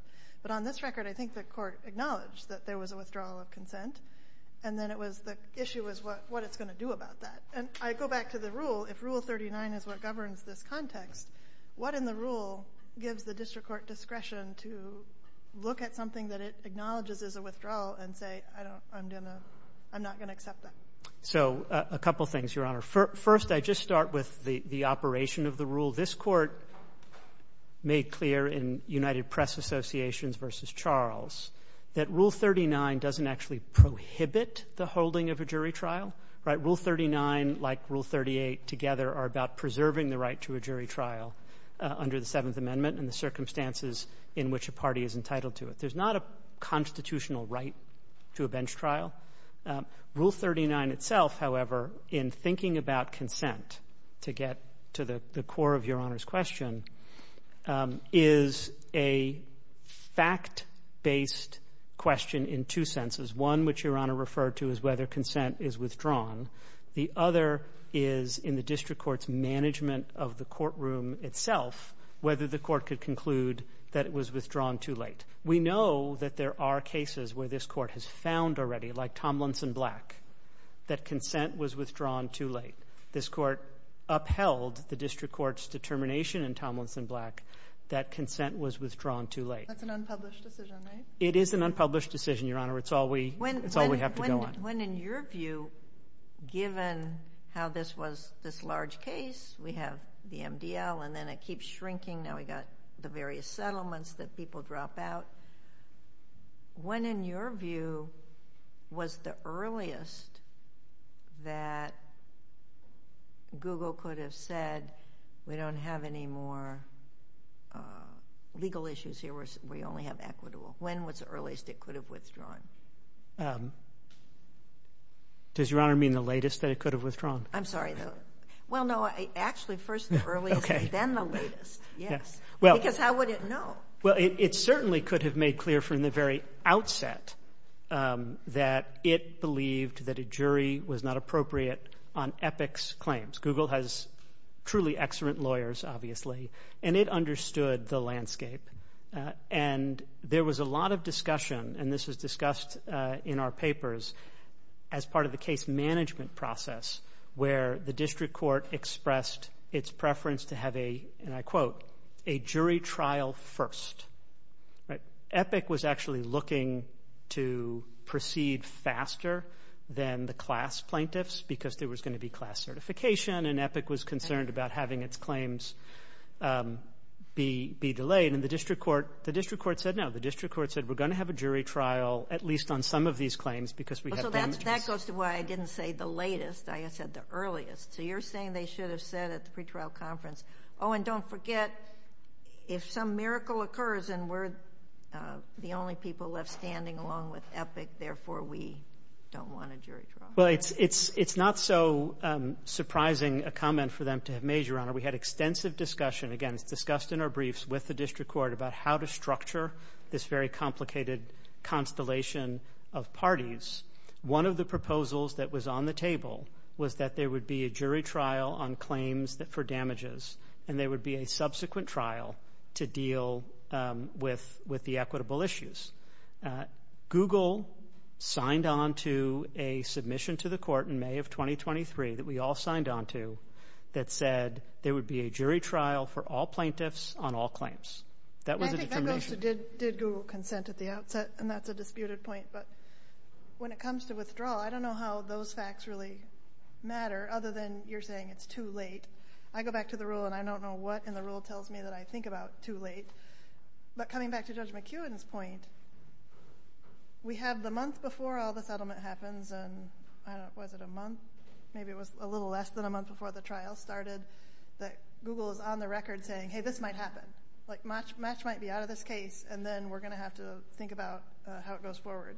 But on this record, I think the court acknowledged that there was a withdrawal of consent and then the issue was what it's going to do about that. And I go back to the rule. If Rule 39 is what governs this context, what in the rule gives the district court discretion to look at something that it acknowledges as a withdrawal and say, I'm not going to accept that? So a couple of things, Your Honor. First, I just start with the operation of the rule. This court made clear in United Press Associations v. Charles that Rule 39 doesn't actually prohibit the holding of a jury trial. Rule 39 like Rule 38 together are about preserving the right to a jury trial under the Seventh Amendment and the circumstances in which a party is entitled to it. There's not a constitutional right to a bench trial. Rule 39 itself, however, in thinking about consent to get to the core of Your Honor's question, is a fact-based question in two senses. One, which Your Honor referred to, is whether consent is withdrawn. The other is in the district court's management of the courtroom itself, whether the court could conclude that it was withdrawn too late. We know that there are cases where this court has found already, like Tomlinson Black, that consent was withdrawn too late. This court upheld the district court's determination in Tomlinson Black that consent was withdrawn too late. That's an unpublished decision, right? It is an unpublished decision, Your Honor. It's all we have to go on. When, in your view, given how this was this large case, we have the MDL and then it keeps shrinking. Now we've got the various settlements that people drop out. When, in your view, was the earliest that Google could have said, we don't have any more legal issues here, we only have equitable? When was the earliest it could have withdrawn? Does Your Honor mean the latest that it could have withdrawn? I'm sorry. Well, no, actually first the earliest, then the latest. Because how would it know? Well, it certainly could have made clear from the very outset that it believed that a jury was not appropriate on Epic's claims. Google has truly excellent lawyers, obviously, and it understood the landscape. And there was a lot of discussion, and this is discussed in our papers, as part of the case management process where the district court expressed its preference to have a, and I quote, a jury trial first. Epic was actually looking to proceed faster than the class plaintiffs because there was going to be class certification, and Epic was concerned about having its claims be delayed. And the district court said no. The district court said we're going to have a jury trial at least on some of these claims because we have them. That goes to why I didn't say the latest. I said the earliest. So you're saying they should have said at the pretrial conference, oh, and don't forget if some miracle occurs and we're the only people left standing along with Epic, therefore we don't want a jury trial. Well, it's not so surprising a comment for them to have made, Your Honor. We had extensive discussion, again, discussed in our briefs with the district court about how to structure this very complicated constellation of parties. One of the proposals that was on the table was that there would be a jury trial on claims for damages, and there would be a subsequent trial to deal with the equitable issues. Google signed on to a submission to the court in May of 2023 that we all signed on to that said there would be a jury trial for all plaintiffs on all claims. That was the determination. So did Google consent at the outset? And that's a disputed point. But when it comes to withdrawal, I don't know how those facts really matter other than you're saying it's too late. I go back to the rule and I don't know what, and the rule tells me that I think about too late. But coming back to Judge McEwen's point, we have the month before all the settlement happens, and was it a month? Maybe it was a little less than a month before the trial started, that Google is on the record saying, hey, this might happen. Match might be out of this case, and then we're going to have to think about how it goes forward.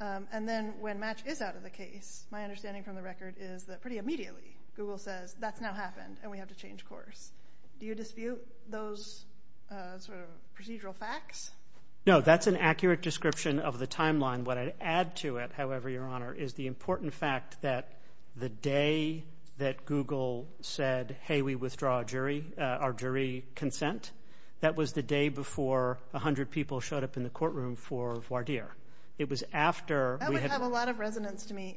And then when match is out of the case, my understanding from the record is that pretty immediately Google says, that's now happened, and we have to change course. Do you dispute those sort of procedural facts? No, that's an accurate description of the timeline. What I'd add to it, however, Your Honor, is the important fact that the day that Google said, hey, we withdraw our jury consent, that was the day before 100 people showed up in the courtroom for voir dire. That would have a lot of resonance to me,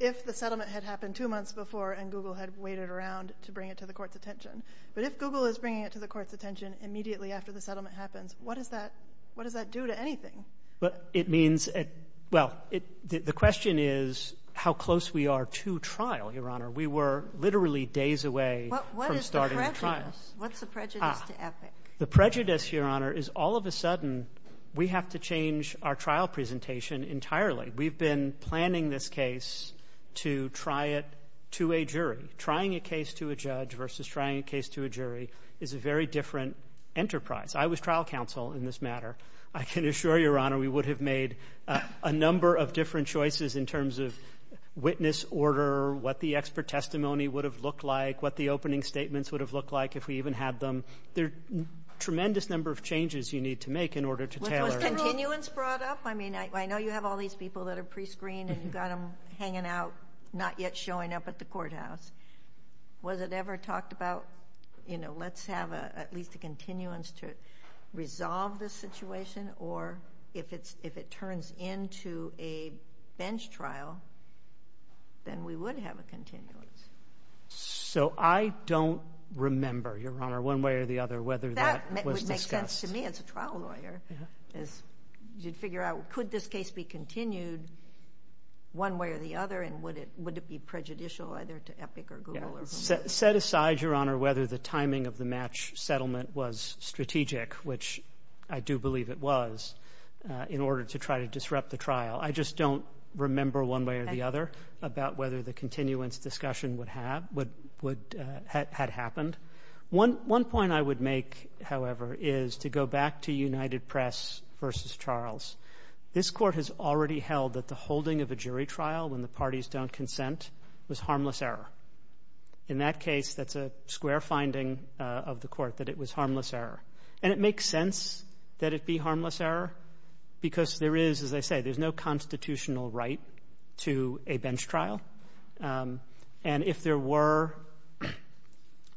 if the settlement had happened two months before and Google had waited around to bring it to the court's attention. But if Google is bringing it to the court's attention immediately after the settlement happens, what does that do to anything? The question is how close we are to trial, Your Honor. We were literally days away from starting the trial. What's the prejudice to ethics? The prejudice, Your Honor, is all of a sudden, we have to change our trial presentation entirely. We've been planning this case to try it to a jury. Trying a case to a judge versus trying a case to a jury is a very different enterprise. I was trial counsel in this matter. I can assure Your Honor we would have made a number of different choices in terms of witness order, what the expert testimony would have looked like, what the opening statements would have looked like if we even had them. There are a tremendous number of changes you need to make in order to tailor this. Was there a continuance brought up? I know you have all these people that are pre-screened and you've got them hanging out, not yet showing up at the courthouse. Was it ever talked about, let's have at least a continuance to resolve this situation or if it turns into a bench trial, then we would have a continuance. So I don't remember, Your Honor, one way or the other whether that was discussed. That would make sense to me as a trial lawyer. You'd figure out could this case be continued one way or the other and would it be prejudicial either to Epic or Google. Set aside, Your Honor, whether the timing of the match settlement was strategic, which I do believe it was, in order to try to disrupt the trial. I just don't remember one way or the other about whether the continuance discussion had happened. One point I would make, however, is to go back to United Press v. Charles. This court has already held that the holding of a jury trial when the parties don't consent was harmless error. In that case, that's a square finding of the court, that it was harmless error. And it makes sense that it be harmless error because there is, as I said, there's no constitutional right to a bench trial. And if there were,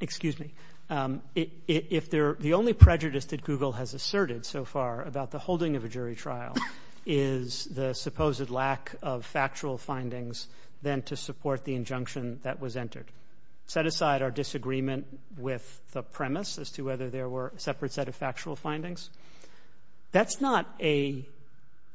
excuse me, the only prejudice that Google has asserted so far about the holding of a jury trial is the supposed lack of factual findings then to support the injunction that was entered. Set aside our disagreement with the premise as to whether there were separate set of factual findings. That's not a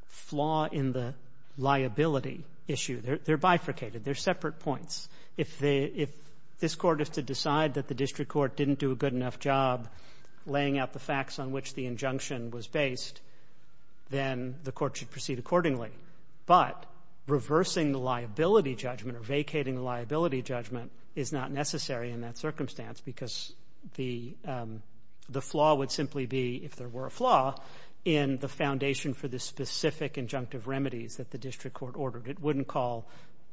flaw in the liability issue. They're bifurcated. They're separate points. If this court is to decide that the district court didn't do a good enough job laying out the facts on which the injunction was based, then the court should proceed accordingly. But reversing liability judgment or vacating liability judgment is not necessary in that circumstance because the flaw would simply be, if there were a flaw, in the foundation for the specific injunctive remedies that the district court ordered. It wouldn't call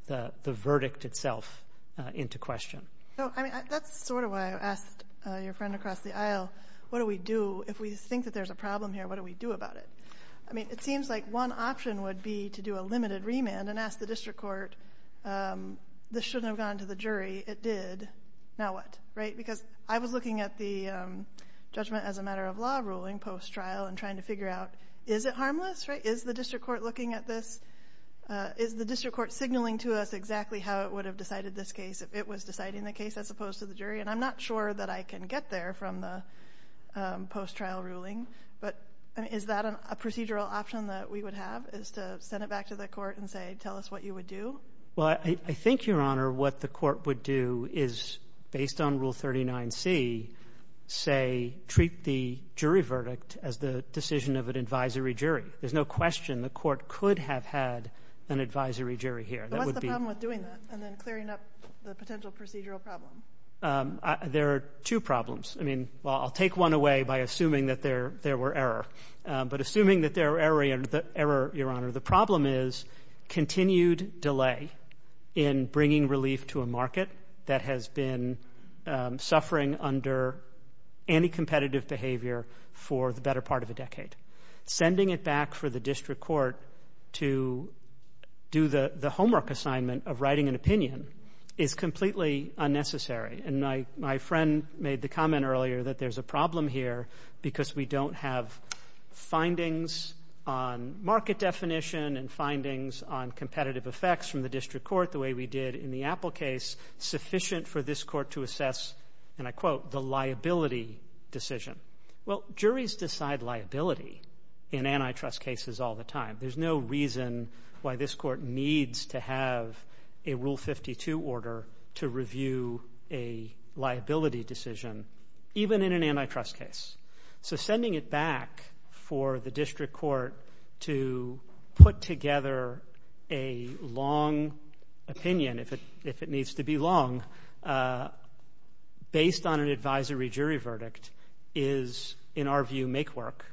the verdict itself into question. That's sort of why I asked your friend across the aisle, what do we do if we think that there's a problem here? What do we do about it? It seems like one option would be to do a limited remand and ask the district court, this shouldn't have gone to the jury. It did. Now what? Because I was looking at the judgment as a matter of law ruling post-trial and trying to figure out, is it harmless? Is the district court looking at this? Is the district court signaling to us exactly how it would have decided this case if it was deciding the case as opposed to the jury? I'm not sure that I can get there from the post-trial ruling. But is that a procedural option that we would have, is to send it back to the court and say, tell us what you would do? Well, I think, Your Honor, what the court would do is, based on Rule 39C, say, treat the jury verdict as the decision of an advisory jury. There's no question the court could have had an advisory jury here. What's the problem with doing that and then clearing up the potential procedural problem? There are two problems. I mean, well, I'll take one away by assuming that there were error. But assuming that there were error, Your Honor, the problem is continued delay in bringing relief to a market that has been suffering under anti-competitive behavior for the better part of a decade. Sending it back for the district court to do the homework assignment of writing an opinion is completely unnecessary. And my friend made the comment earlier that there's a problem here because we don't have findings on market definition and findings on competitive effects from the district court the way we did in the Apple case sufficient for this court to assess, and I quote, the liability decision. Well, juries decide liability in antitrust cases all the time. There's no reason why this court needs to have a Rule 52 order to review a liability decision even in an antitrust case. So sending it back for the district court to put together a long opinion, if it needs to be long, based on an advisory jury verdict is, in our view, make work.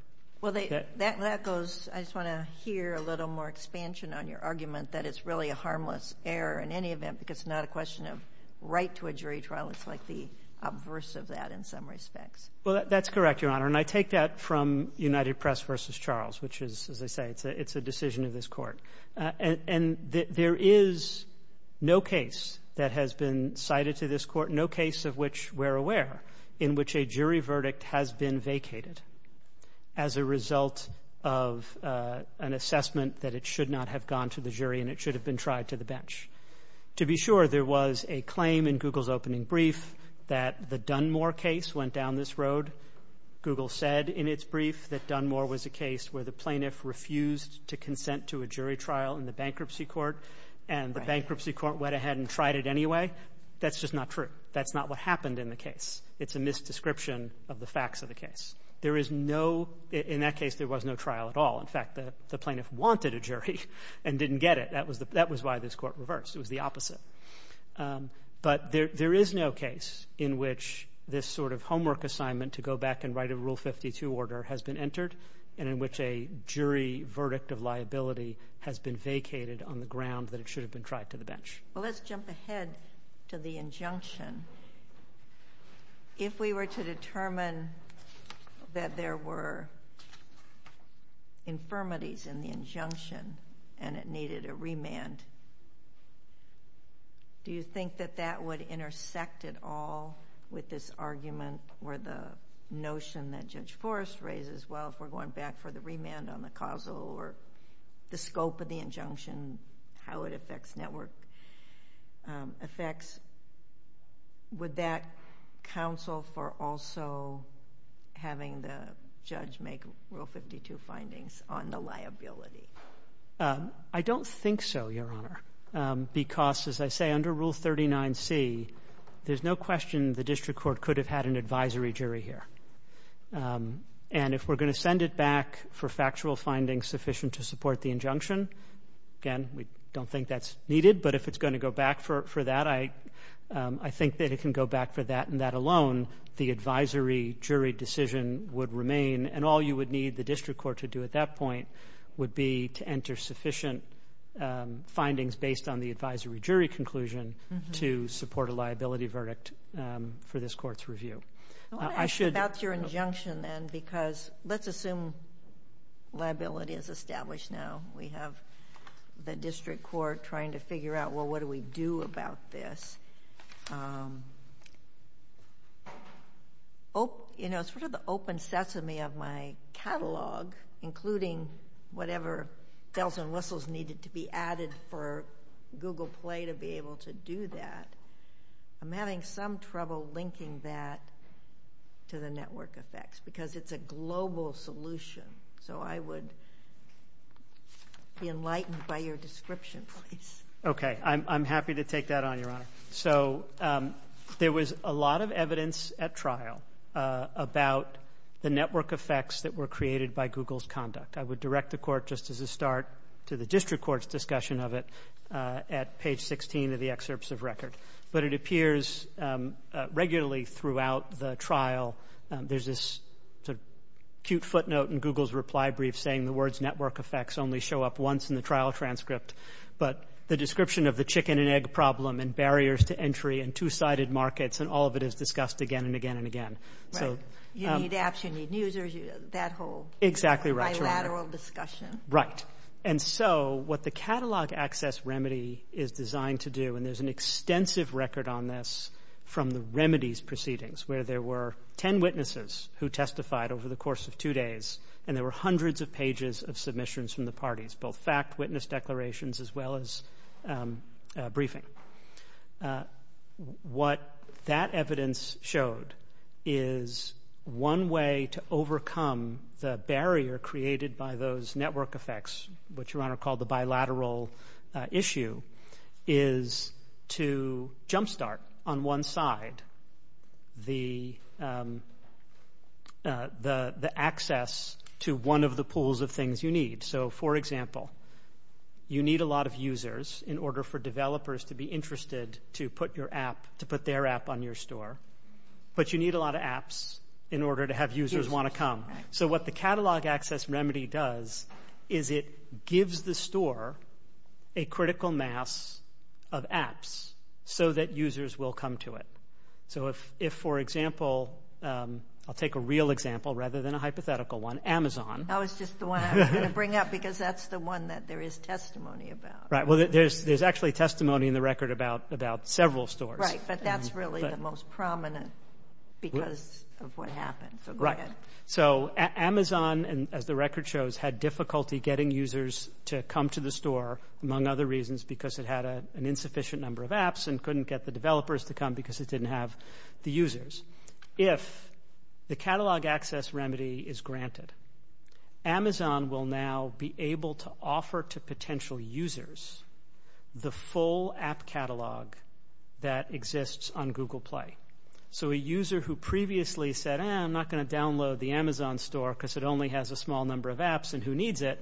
Well, that goes, I just want to hear a little more expansion on your argument that it's really a harmless error in any event because it's not a question of right to a jury trial. It's like the obverse of that in some respects. Well, that's correct, Your Honor, and I take that from United Press v. Charles, which is, as I say, it's a decision of this court. And there is no case that has been cited to this court, no case of which we're aware, in which a jury verdict has been vacated as a result of an assessment that it should not have gone to the jury and it should have been tried to the bench. To be sure, there was a claim in Google's opening brief that the Dunmore case went down this road. Google said in its brief that Dunmore was a case where the plaintiff refused to consent to a jury trial in the bankruptcy court and the bankruptcy court went ahead and tried it anyway. That's just not true. That's not what happened in the case. It's a misdescription of the facts of the case. There is no, in that case, there was no trial at all. In fact, the plaintiff wanted a jury and didn't get it. That was why this court reversed. It was the opposite. But there is no case in which this sort of homework assignment to go back and write a Rule 52 order has been entered and in which a jury verdict of liability has been vacated on the ground that it should have been tried to the bench. Well, let's jump ahead to the injunction. If we were to determine that there were infirmities in the injunction and it needed a remand, do you think that that would intersect at all with this argument or the notion that Judge Forrest raises, well, if we're going back for the remand on the causal or the scope of the injunction, how it affects network effects, would that counsel for also having the judge make Rule 52 findings on the liability? I don't think so, Your Honor, because, as I say, under Rule 39C, there's no question the district court could have had an advisory jury here. And if we're going to send it back for factual findings sufficient to support the injunction, again, we don't think that's needed, but if it's going to go back for that, I think that it can go back for that and that alone the advisory jury decision would remain and all you would need the district court to do at that point would be to enter sufficient findings based on the advisory jury conclusion to support a liability verdict for this court's review. I want to ask about your injunction then because let's assume liability is established now. We have the district court trying to figure out, well, what do we do about this? Sort of the open sesame of my catalog, including whatever bells and whistles needed to be added for Google Play to be able to do that, I'm having some trouble linking that to the network effects because it's a global solution. So I would be enlightened by your description, please. Okay. I'm happy to take that on, Your Honor. So there was a lot of evidence at trial about the network effects that were created by Google's conduct. I would direct the court just as a start to the district court's discussion of it at page 16 of the excerpts of record. But it appears regularly throughout the trial there's this cute footnote in Google's reply brief saying the words network effects only show up once in the trial transcript, but the description of the chicken and egg problem and barriers to entry and two-sided markets and all of it is discussed again and again and again. Right. You need apps, you need users, that whole bilateral discussion. Right. And so what the catalog access remedy is designed to do, and there's an extensive record on this from the remedies proceedings where there were 10 witnesses who testified over the course of two days and there were hundreds of pages of submissions from the parties, both fact witness declarations as well as briefing. What that evidence showed is one way to overcome the barrier created by those network effects, which Your Honor called the bilateral issue, is to jumpstart on one side the access to one of the pools of things you need. So, for example, you need a lot of users in order for developers to be interested to put their app on your store, but you need a lot of apps in order to have users want to come. So what the catalog access remedy does is it gives the store a critical mass of apps so that users will come to it. So if, for example, I'll take a real example rather than a hypothetical one, Amazon. That was just the one I was going to bring up because that's the one that there is testimony about. Right. Well, there's actually testimony in the record about several stores. Right, but that's really the most prominent because of what happened. Right. So Amazon, as the record shows, had difficulty getting users to come to the store, among other reasons, because it had an insufficient number of apps and couldn't get the developers to come because it didn't have the users. If the catalog access remedy is granted, Amazon will now be able to offer to potential users the full app catalog that exists on Google Play. So a user who previously said, I'm not going to download the Amazon store because it only has a small number of apps and who needs it,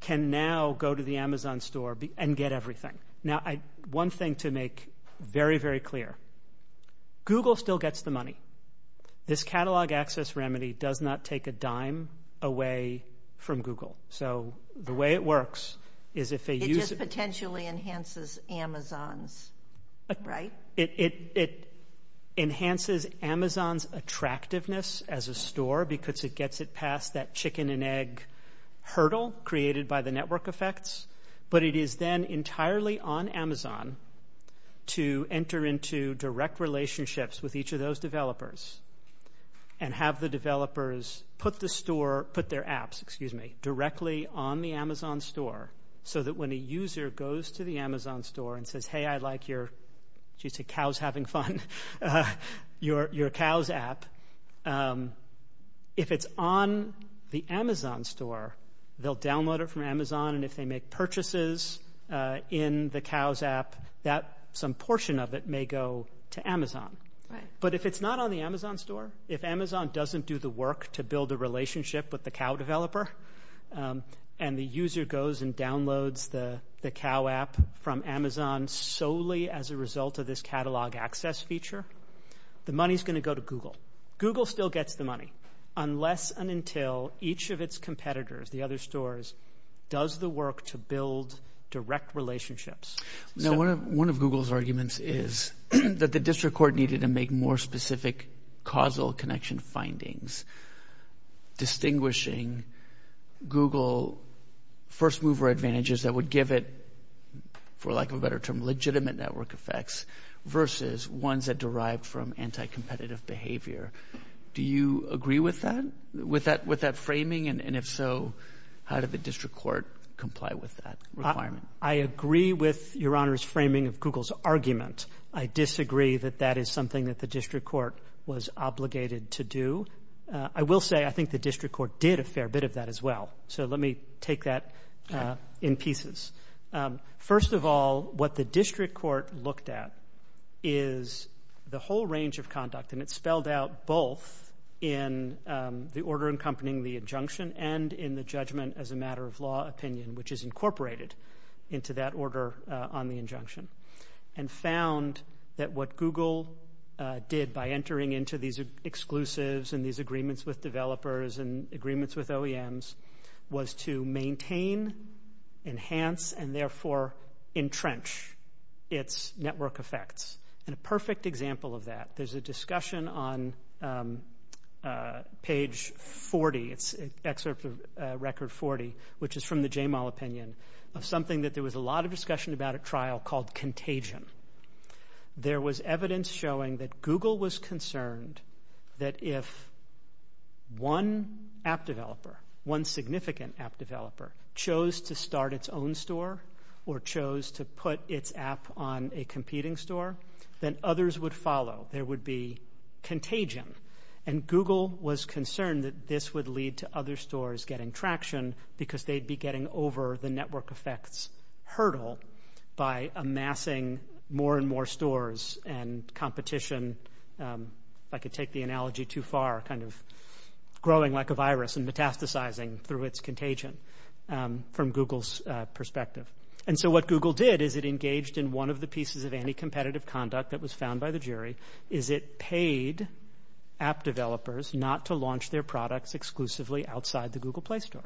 can now go to the Amazon store and get everything. Now, one thing to make very, very clear, Google still gets the money. This catalog access remedy does not take a dime away from Google. So the way it works is if they use it. It just potentially enhances Amazon, right? It enhances Amazon's attractiveness as a store because it gets it past that chicken and egg hurdle created by the network effects, but it is then entirely on Amazon to enter into direct relationships with each of those developers and have the developers put their apps directly on the Amazon store so that when a user goes to the Amazon store and says, hey, I like your cows app, if it's on the Amazon store, they'll download it from Amazon and if they make purchases in the cows app that some portion of it may go to Amazon. But if it's not on the Amazon store, if Amazon doesn't do the work to build a relationship with the cow developer and the user goes and downloads the cow app from Amazon solely as a result of this catalog access feature, the money is going to go to Google. Google still gets the money unless and until each of its competitors, the other stores, does the work to build direct relationships. One of Google's arguments is that the district court needed to make more specific causal connection findings, distinguishing Google first mover advantages that would give it, for lack of a better term, legitimate network effects versus ones that derive from anti-competitive behavior. Do you agree with that, with that framing? And if so, how did the district court comply with that? I agree with Your Honor's framing of Google's argument. I disagree that that is something that the district court was obligated to do. I will say I think the district court did a fair bit of that as well. So let me take that in pieces. First of all, what the district court looked at is the whole range of conduct, and it spelled out both in the order accompanying the injunction and in the judgment as a matter of law opinion, which is incorporated into that order on the injunction, and found that what Google did by entering into these exclusives and these agreements with developers and agreements with OEMs was to maintain, enhance, and therefore entrench its network effects. And a perfect example of that, there's a discussion on page 40, it's an excerpt of record 40, which is from the JML opinion, of something that there was a lot of discussion about at trial called contagion. There was evidence showing that Google was concerned that if one app developer, one significant app developer, chose to start its own store or chose to put its app on a competing store, then others would follow. There would be contagion. And Google was concerned that this would lead to other stores getting traction because they'd be getting over the network effects hurdle by amassing more and more stores and competition, if I could take the analogy too far, kind of growing like a virus and metastasizing through its contagion from Google's perspective. And so what Google did is it engaged in one of the pieces of anti-competitive conduct that was found by the jury, is it paid app developers not to launch their products exclusively outside the Google Play Store.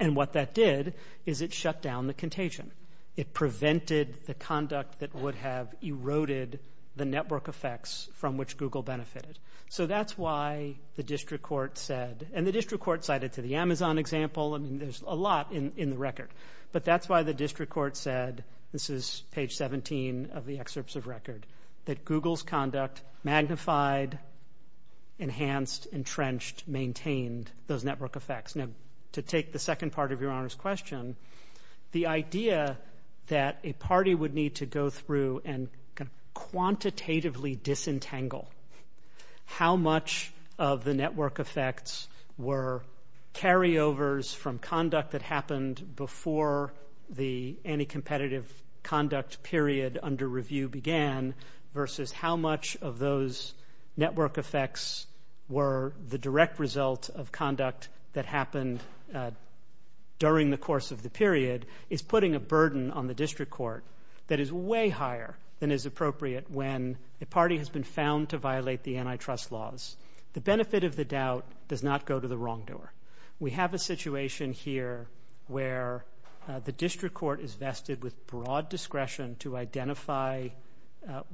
And what that did is it shut down the contagion. It prevented the conduct that would have eroded the network effects from which Google benefited. So that's why the district court said, and the district court cited to the Amazon example, and there's a lot in the record, but that's why the district court said, this is page 17 of the excerpts of record, that Google's conduct magnified, enhanced, entrenched, maintained those network effects. Now, to take the second part of Your Honor's question, the idea that a party would need to go through and quantitatively disentangle how much of the network effects were carryovers from conduct that happened before the anti-competitive conduct period under review began, versus how much of those network effects were the direct result of conduct that happened during the course of the period, is putting a burden on the district court that is way higher than is appropriate when the party has been found to violate the antitrust laws. The benefit of the doubt does not go to the wrong door. We have a situation here where the district court is vested with broad discretion to identify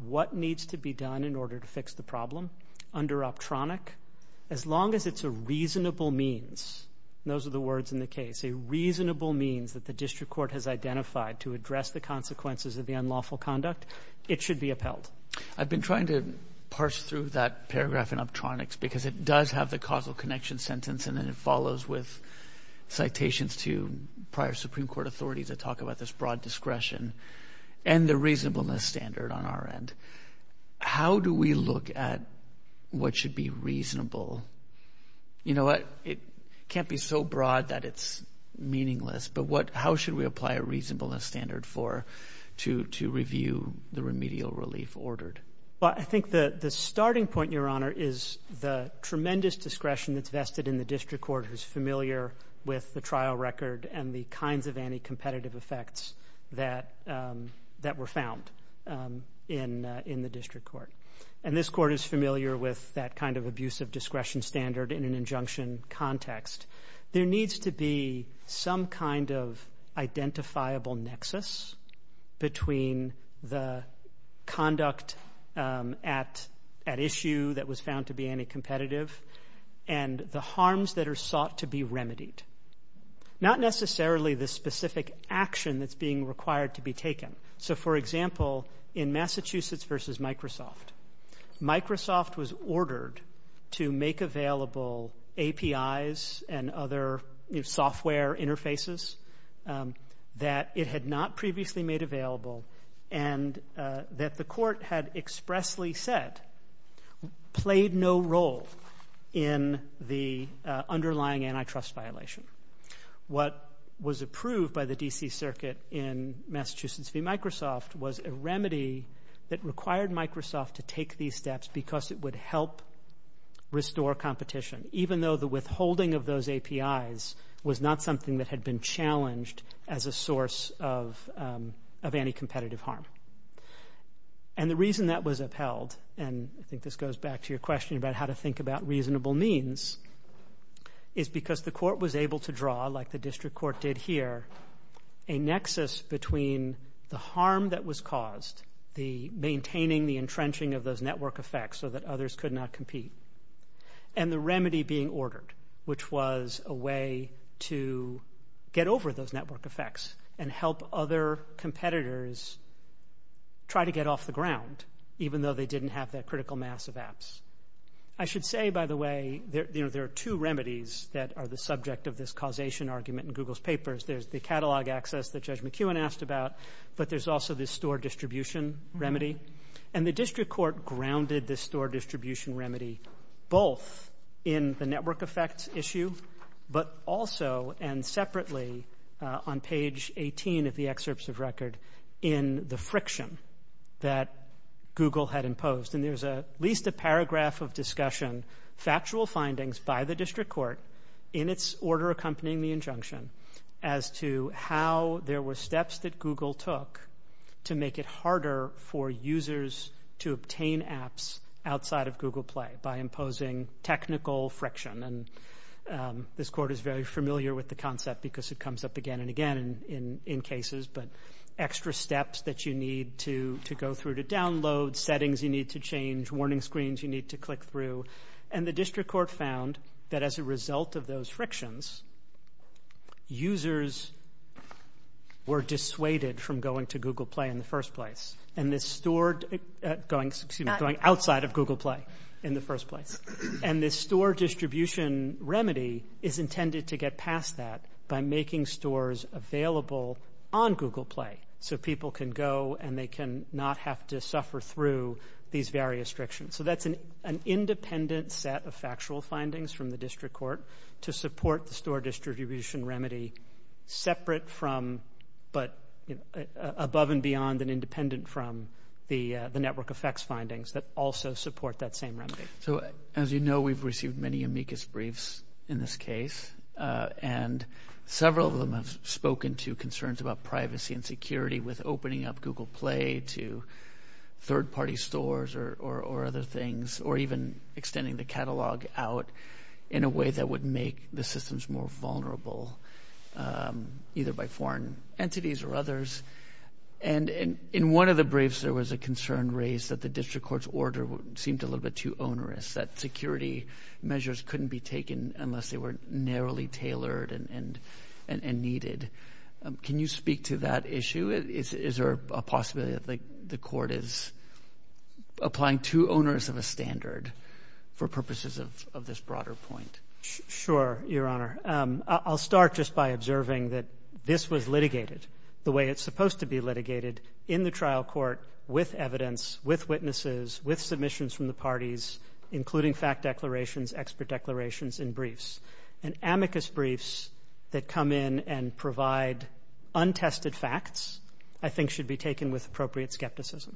what needs to be done in order to fix the problem. Under optronic, as long as it's a reasonable means, those are the words in the case, a reasonable means that the district court has identified to address the consequences of the unlawful conduct, it should be upheld. I've been trying to parse through that paragraph in optronics because it does have the causal connection sentence, and then it follows with citations to prior Supreme Court authorities that talk about this broad discretion and the reasonableness standard on our end. How do we look at what should be reasonable? It can't be so broad that it's meaningless, but how should we apply a reasonableness standard to review the remedial relief ordered? I think the starting point, Your Honor, is the tremendous discretion that's vested in the district court who's familiar with the trial record and the kinds of anti-competitive effects that were found in the district court. And this court is familiar with that kind of abusive discretion standard in an injunction context. There needs to be some kind of identifiable nexus between the conduct at issue that was found to be anti-competitive and the harms that are sought to be remedied. Not necessarily the specific action that's being required to be taken. So, for example, in Massachusetts v. Microsoft, Microsoft was ordered to make available APIs and other software interfaces that it had not previously made available and that the court had expressly said played no role in the underlying antitrust violation. What was approved by the D.C. Circuit in Massachusetts v. Microsoft was a remedy that required Microsoft to take these steps because it would help restore competition, even though the withholding of those APIs was not something that had been challenged as a source of anti-competitive harm. And the reason that was upheld, and I think this goes back to your question about how to think about reasonable means, is because the court was able to draw, like the district court did here, a nexus between the harm that was caused, the maintaining the entrenching of those network effects so that others could not compete, and the remedy being ordered, which was a way to get over those network effects and help other competitors try to get off the ground, even though they didn't have that critical mass of apps. I should say, by the way, there are two remedies that are the subject of this causation argument in Google's papers. There's the catalog access that Judge McEwen asked about, but there's also this store distribution remedy, and the district court grounded this store distribution remedy both in the network effects issue, but also and separately on page 18 of the excerpts of record in the friction that Google had imposed. And there's at least a paragraph of discussion, factual findings by the district court, in its order accompanying the injunction, as to how there were steps that Google took to make it harder for users to obtain apps outside of Google Play by imposing technical friction and this court is very familiar with the concept because it comes up again and again in cases, but extra steps that you need to go through to download, settings you need to change, warning screens you need to click through, and the district court found that as a result of those frictions, users were dissuaded from going to Google Play in the first place, going outside of Google Play in the first place, and this store distribution remedy is intended to get past that by making stores available on Google Play, so people can go and they can not have to suffer through these various frictions. So that's an independent set of factual findings from the district court to support the store distribution remedy separate from, but above and beyond and independent from the network effects findings that also support that same remedy. So as you know, we've received many amicus briefs in this case and several of them have spoken to concerns about privacy and security with opening up Google Play to third-party stores or other things or even extending the catalog out in a way that would make the systems more vulnerable either by foreign entities or others, and in one of the briefs there was a concern raised that the district court's order seemed a little bit too onerous, that security measures couldn't be taken unless they were narrowly tailored and needed. Can you speak to that issue? Is there a possibility that the court is applying too onerous of a standard for purposes of this broader point? Sure, Your Honor. I'll start just by observing that this was litigated the way it's supposed to be litigated in the trial court with evidence, with witnesses, with submissions from the parties, including fact declarations, expert declarations in briefs, and amicus briefs that come in and provide untested facts I think should be taken with appropriate skepticism,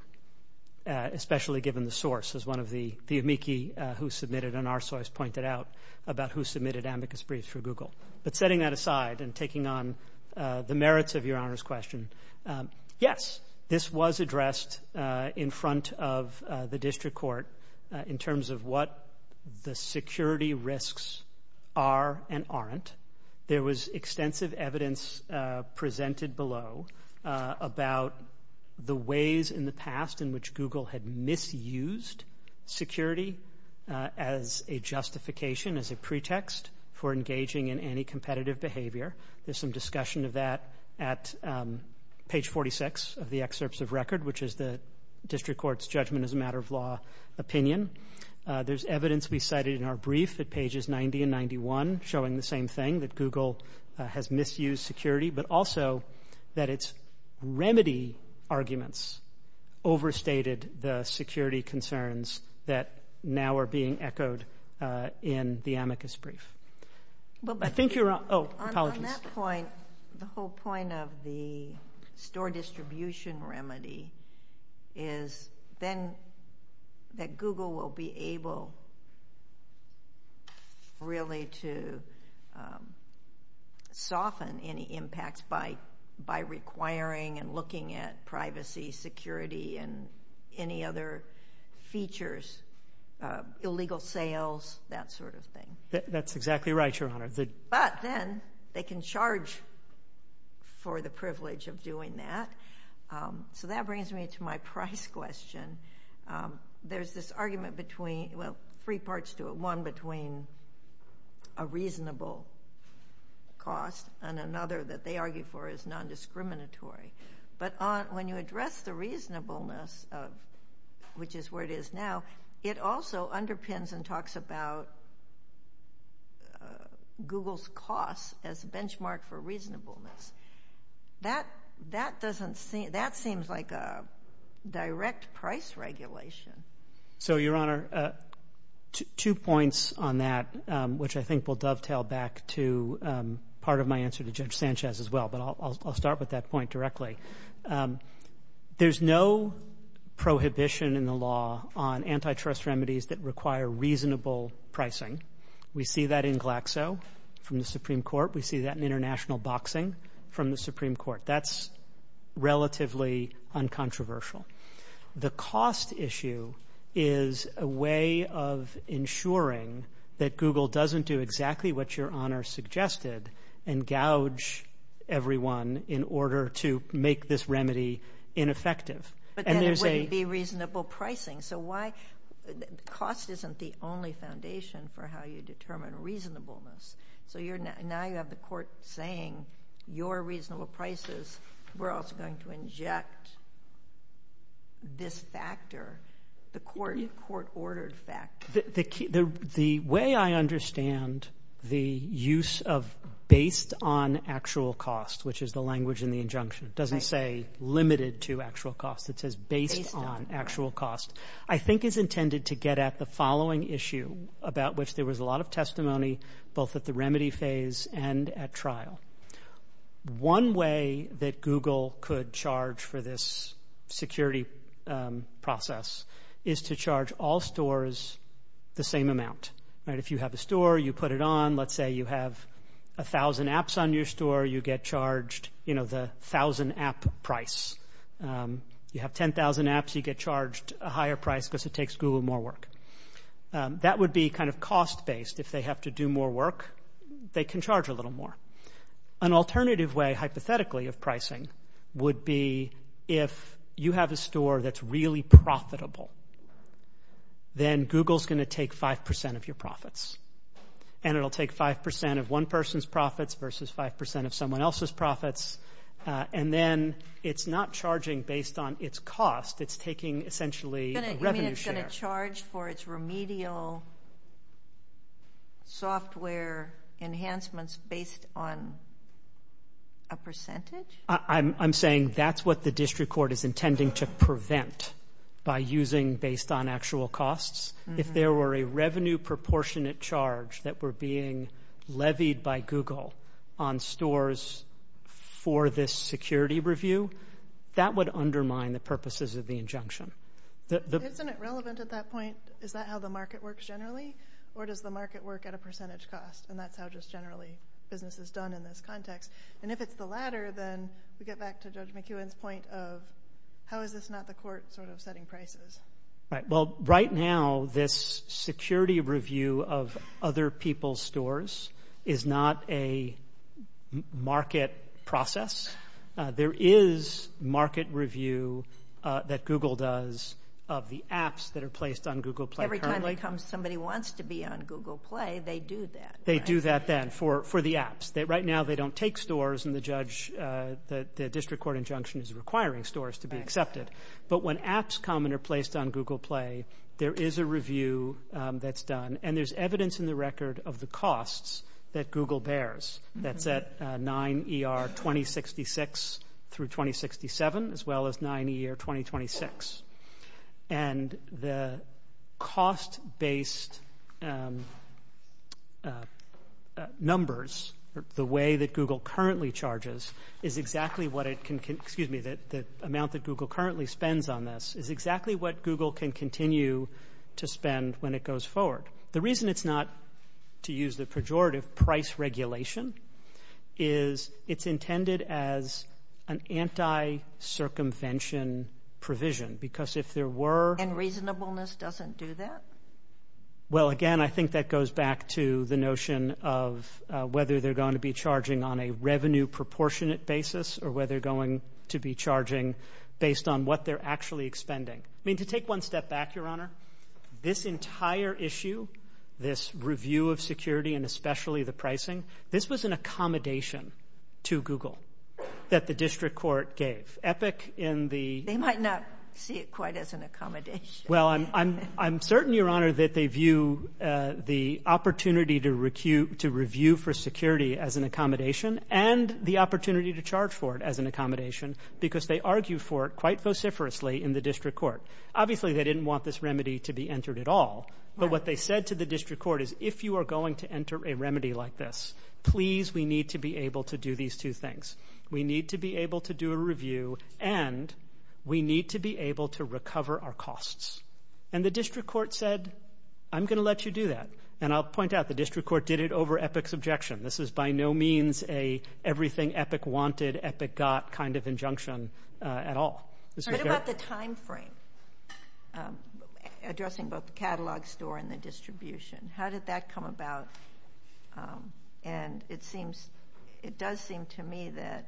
especially given the source, as one of the amici who submitted and our source pointed out about who submitted amicus briefs for Google. But setting that aside and taking on the merits of Your Honor's question, yes, this was addressed in front of the district court in terms of what the security risks are and aren't. There was extensive evidence presented below about the ways in the past in which Google had misused security as a justification, as a pretext, for engaging in any competitive behavior. There's some discussion of that at page 46 of the excerpts of record, which is the district court's judgment as a matter of law opinion. There's evidence we cited in our brief at pages 90 and 91 showing the same thing, that Google has misused security, but also that its remedy arguments overstated the security concerns that now are being echoed in the amicus brief. I think you're on. Oh, apologies. On that point, the whole point of the store distribution remedy is then that Google will be able really to soften any impact by requiring and looking at privacy, security, and any other features, illegal sales, that sort of thing. That's exactly right, Your Honor. But then they can charge for the privilege of doing that. So that brings me to my price question. There's this argument between, well, three parts to it. One between a reasonable cost and another that they argue for is non-discriminatory. But when you address the reasonableness, which is where it is now, it also underpins and talks about Google's costs as a benchmark for reasonableness. That seems like a direct price regulation. So, Your Honor, two points on that, which I think will dovetail back to part of my answer to Judge Sanchez as well, but I'll start with that point directly. There's no prohibition in the law on antitrust remedies that require reasonable pricing. We see that in Glaxo from the Supreme Court. We see that in international boxing from the Supreme Court. That's relatively uncontroversial. The cost issue is a way of ensuring that Google doesn't do exactly what Your Honor suggested and gouge everyone in order to make this remedy ineffective. But then it wouldn't be reasonable pricing. So cost isn't the only foundation for how you determine reasonableness. So now you have the court saying, your reasonable prices, we're also going to inject this factor, the court-ordered factor. The way I understand the use of based on actual cost, which is the language in the injunction. It doesn't say limited to actual cost. It says based on actual cost. I think it's intended to get at the following issue about which there was a lot of testimony both at the remedy phase and at trial. One way that Google could charge for this security process is to charge all stores the same amount. If you have a store, you put it on. Let's say you have 1,000 apps on your store, you get charged the 1,000 app price. You have 10,000 apps, you get charged a higher price because it takes Google more work. That would be kind of cost-based. If they have to do more work, they can charge a little more. An alternative way, hypothetically, of pricing would be if you have a store that's really profitable, then Google's going to take 5% of your profits and it'll take 5% of one person's profits versus 5% of someone else's profits, and then it's not charging based on its cost. It's taking, essentially, a revenue share. Then it's going to charge for its remedial software enhancements based on a percentage? I'm saying that's what the district court is intending to prevent by using based on actual costs. If there were a revenue-proportionate charge that were being levied by Google on stores for this security review, that would undermine the purposes of the injunction. Isn't it relevant at that point, is that how the market works generally, or does the market work at a percentage cost, and that's how just generally business is done in this context? If it's the latter, then we get back to Judge McEwen's point of, how is this not the court setting prices? Right now, this security review of other people's stores is not a market process. There is market review that Google does of the apps that are placed on Google Play currently. Every time it comes, somebody wants to be on Google Play, they do that. They do that then for the apps. Right now, they don't take stores, and the district court injunction is requiring stores to be accepted. But when apps come and are placed on Google Play, there is a review that's done, and there's evidence in the record of the costs that Google bears, that's at 9 ER 2066 through 2067, as well as 9 ER 2026. And the cost-based numbers, the way that Google currently charges, is exactly what it can, excuse me, the amount that Google currently spends on this, is exactly what Google can continue to spend when it goes forward. The reason it's not to use the pejorative price regulation is it's intended as an anti-circumvention provision, because if there were... And reasonableness doesn't do that? Well, again, I think that goes back to the notion of whether they're going to be charging on a revenue-proportionate basis or whether they're going to be charging based on what they're actually expending. I mean, to take one step back, Your Honor, this entire issue, this review of security and especially the pricing, this was an accommodation to Google that the district court gave. Epic in the... They might not see it quite as an accommodation. Well, I'm certain, Your Honor, that they view the opportunity to review for security as an accommodation and the opportunity to charge for it as an accommodation, because they argue for it quite vociferously in the district court. Obviously, they didn't want this remedy to be entered at all, but what they said to the district court is, if you are going to enter a remedy like this, please, we need to be able to do these two things. We need to be able to do a review and we need to be able to recover our costs. And the district court said, I'm going to let you do that. And I'll point out the district court did it over Epic's objection. This is by no means an everything Epic wanted, Epic got kind of injunction at all. What about the time frame? Addressing both the catalog store and the distribution. How did that come about? And it does seem to me that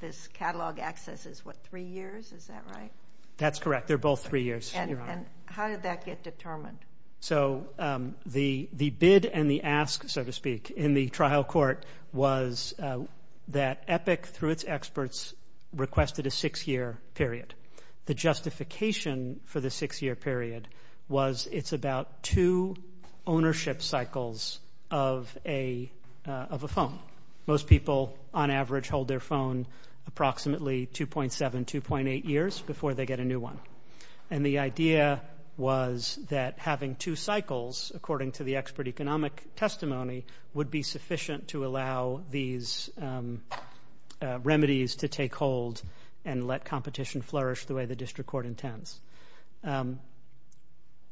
this catalog access is, what, three years? Is that right? That's correct. They're both three years. And how did that get determined? So the bid and the ask, so to speak, in the trial court was that Epic, through its experts, requested a six-year period. The justification for the six-year period was it's about two ownership cycles of a phone. Most people, on average, hold their phone approximately 2.7, 2.8 years before they get a new one. And the idea was that having two cycles, according to the expert economic testimony, would be sufficient to allow these remedies to take hold and let competition flourish the way the district court intends.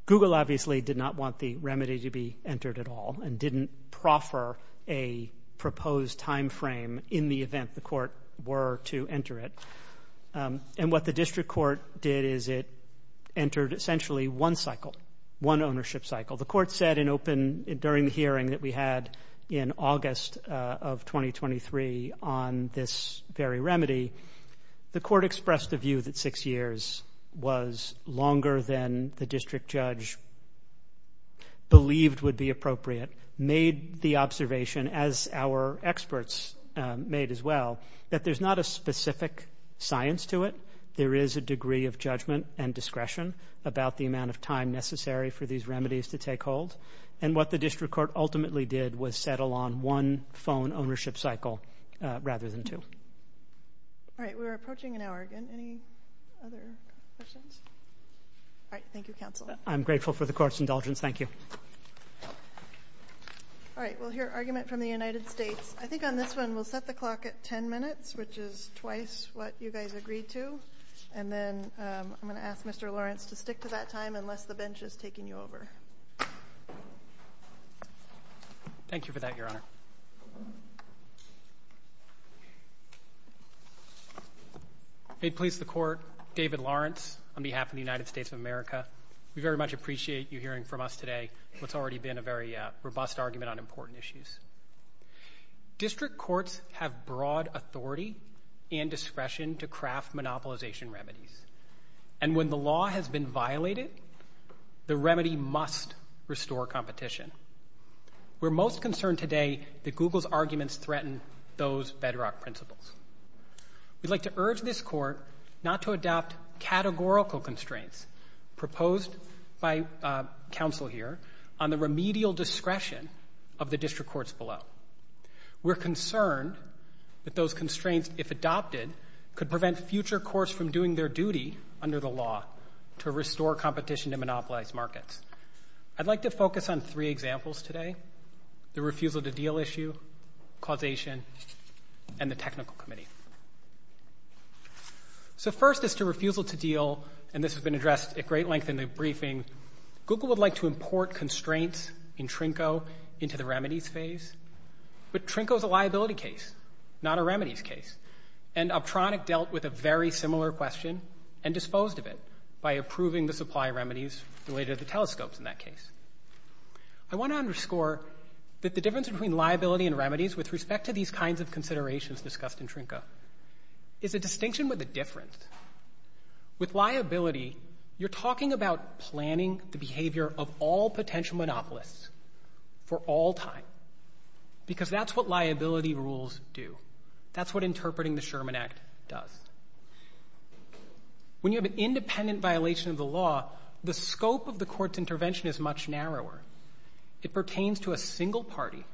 Google obviously did not want the remedy to be entered at all and didn't proffer a proposed time frame in the event the court were to enter it. And what the district court did is it entered essentially one cycle, one ownership cycle. The court said during the hearing that we had in August of 2023 on this very remedy, the court expressed the view that six years was longer than the district judge believed would be appropriate, made the observation, as our experts made as well, that there's not a specific science to it. There is a degree of judgment and discretion about the amount of time necessary for these remedies to take hold. And what the district court ultimately did was settle on one phone ownership cycle rather than two. All right, we're approaching an hour again. Any other questions? All right, thank you, counsel. I'm grateful for the court's indulgence. Thank you. All right, we'll hear argument from the United States. I think on this one we'll set the clock at 10 minutes, which is twice what you guys agreed to. And then I'm going to ask Mr. Lawrence to stick to that time unless the bench is taking you over. Thank you for that, Your Honor. Hey, please, the court. David Lawrence on behalf of the United States of America. We very much appreciate you hearing from us today what's already been a very robust argument on important issues. District courts have broad authority and discretion to craft monopolization remedies. And when the law has been violated, the remedy must restore competition. We're most concerned today that Google's arguments threaten those bedrock principles. We'd like to urge this court not to adopt categorical constraints proposed by counsel here on the remedial discretion of the district courts below. We're concerned that those constraints, if adopted, could prevent future courts from doing their duty under the law to restore competition in monopolized markets. I'd like to focus on three examples today, the refusal to deal issue, causation, and the technical committee. So first is the refusal to deal, and this has been addressed at great length in the briefing. Google would like to import constraints in Trinco into the remedies phase. But Trinco's a liability case, not a remedies case, and Optronic dealt with a very similar question and disposed of it by approving the supply remedies related to telescopes in that case. I want to underscore that the difference between liability and remedies with respect to these kinds of considerations discussed in Trinco is a distinction with a difference. With liability, you're talking about planning the behavior of all potential monopolists for all time, because that's what liability rules do. That's what interpreting the Sherman Act does. When you have an independent violation of the law, the scope of the court's intervention is much narrower. It pertains to a single party,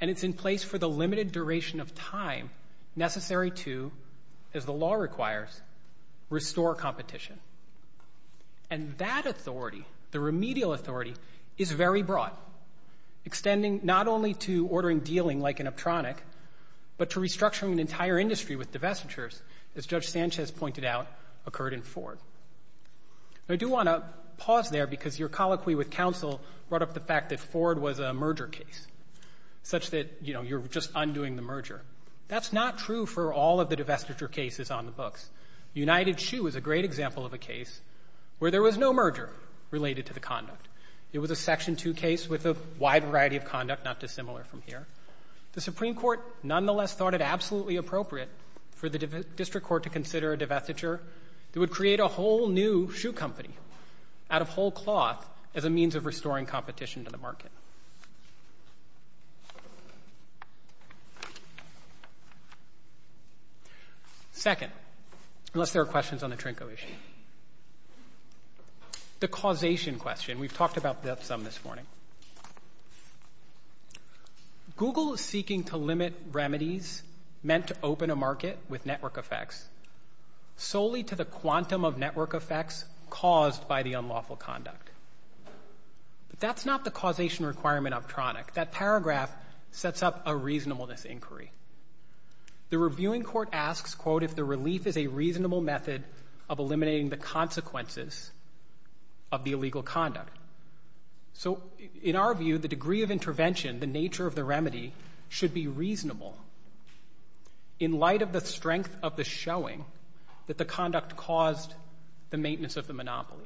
and it's in place for the limited duration of time necessary to, as the law requires, restore competition. And that authority, the remedial authority, is very broad, extending not only to ordering dealing like in Optronic, but to restructuring the entire industry with divestitures, as Judge Sanchez pointed out, occurred in Ford. I do want to pause there because your colloquy with counsel brought up the fact that Ford was a merger case, such that, you know, you're just undoing the merger. That's not true for all of the divestiture cases on the books. United Shoe is a great example of a case where there was no merger related to the conduct. It was a Section 2 case with a wide variety of conduct, not dissimilar from here. The Supreme Court, nonetheless, thought it absolutely appropriate for the district court to consider a divestiture that would create a whole new shoe company out of whole cloth as a means of restoring competition to the market. Second, unless there are questions on the Trinco issue. The causation question. We've talked about that some this morning. Google is seeking to limit remedies meant to open a market with network effects solely to the quantum of network effects caused by the unlawful conduct. But that's not the causation remedy. That paragraph sets up a reasonableness inquiry. So in our view, the degree of intervention, the nature of the remedy, should be reasonable in light of the strength of the showing that the conduct caused the maintenance of the monopoly.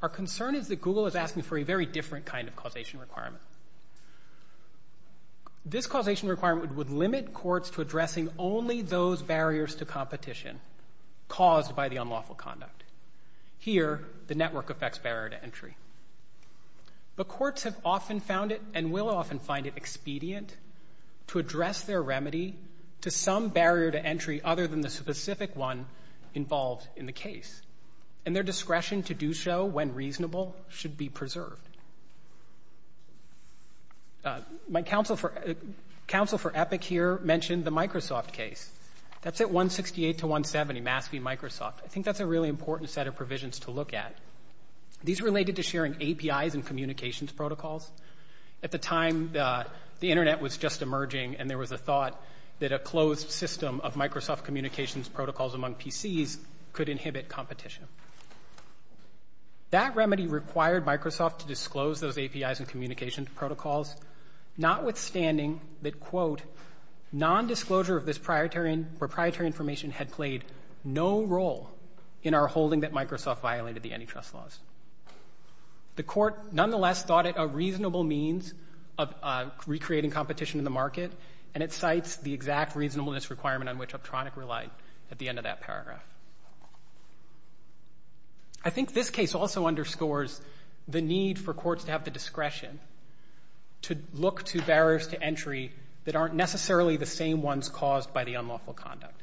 Our concern is that Google is asking for a very different kind of causation requirement. This causation requirement would limit courts to addressing only those barriers to competition caused by the unlawful conduct. Here, the network effects barrier to entry. But courts have often found it, and will often find it, expedient to address their remedy to some barrier to entry other than the specific one involved in the case. And their discretion to do so when reasonable should be preserved. My counsel for Epic here mentioned the Microsoft case. That's at 168 to 170, Massey, Microsoft. I think that's a really important set of provisions to look at. These are related to sharing APIs and communications protocols. At the time, the Internet was just emerging, and there was a thought that a closed system of Microsoft communications protocols among PCs could inhibit competition. That remedy required Microsoft to disclose those APIs and communications protocols, notwithstanding that, quote, non-disclosure of this proprietary information had played no role in our holding that Microsoft violated the antitrust laws. The court, nonetheless, thought it a reasonable means of recreating competition in the market, and it cites the exact reasonableness requirement on which Uptronic relied at the end of that paragraph. I think this case also underscores the need for courts to have the discretion to look to barriers to entry that aren't necessarily the same ones caused by the unlawful conduct.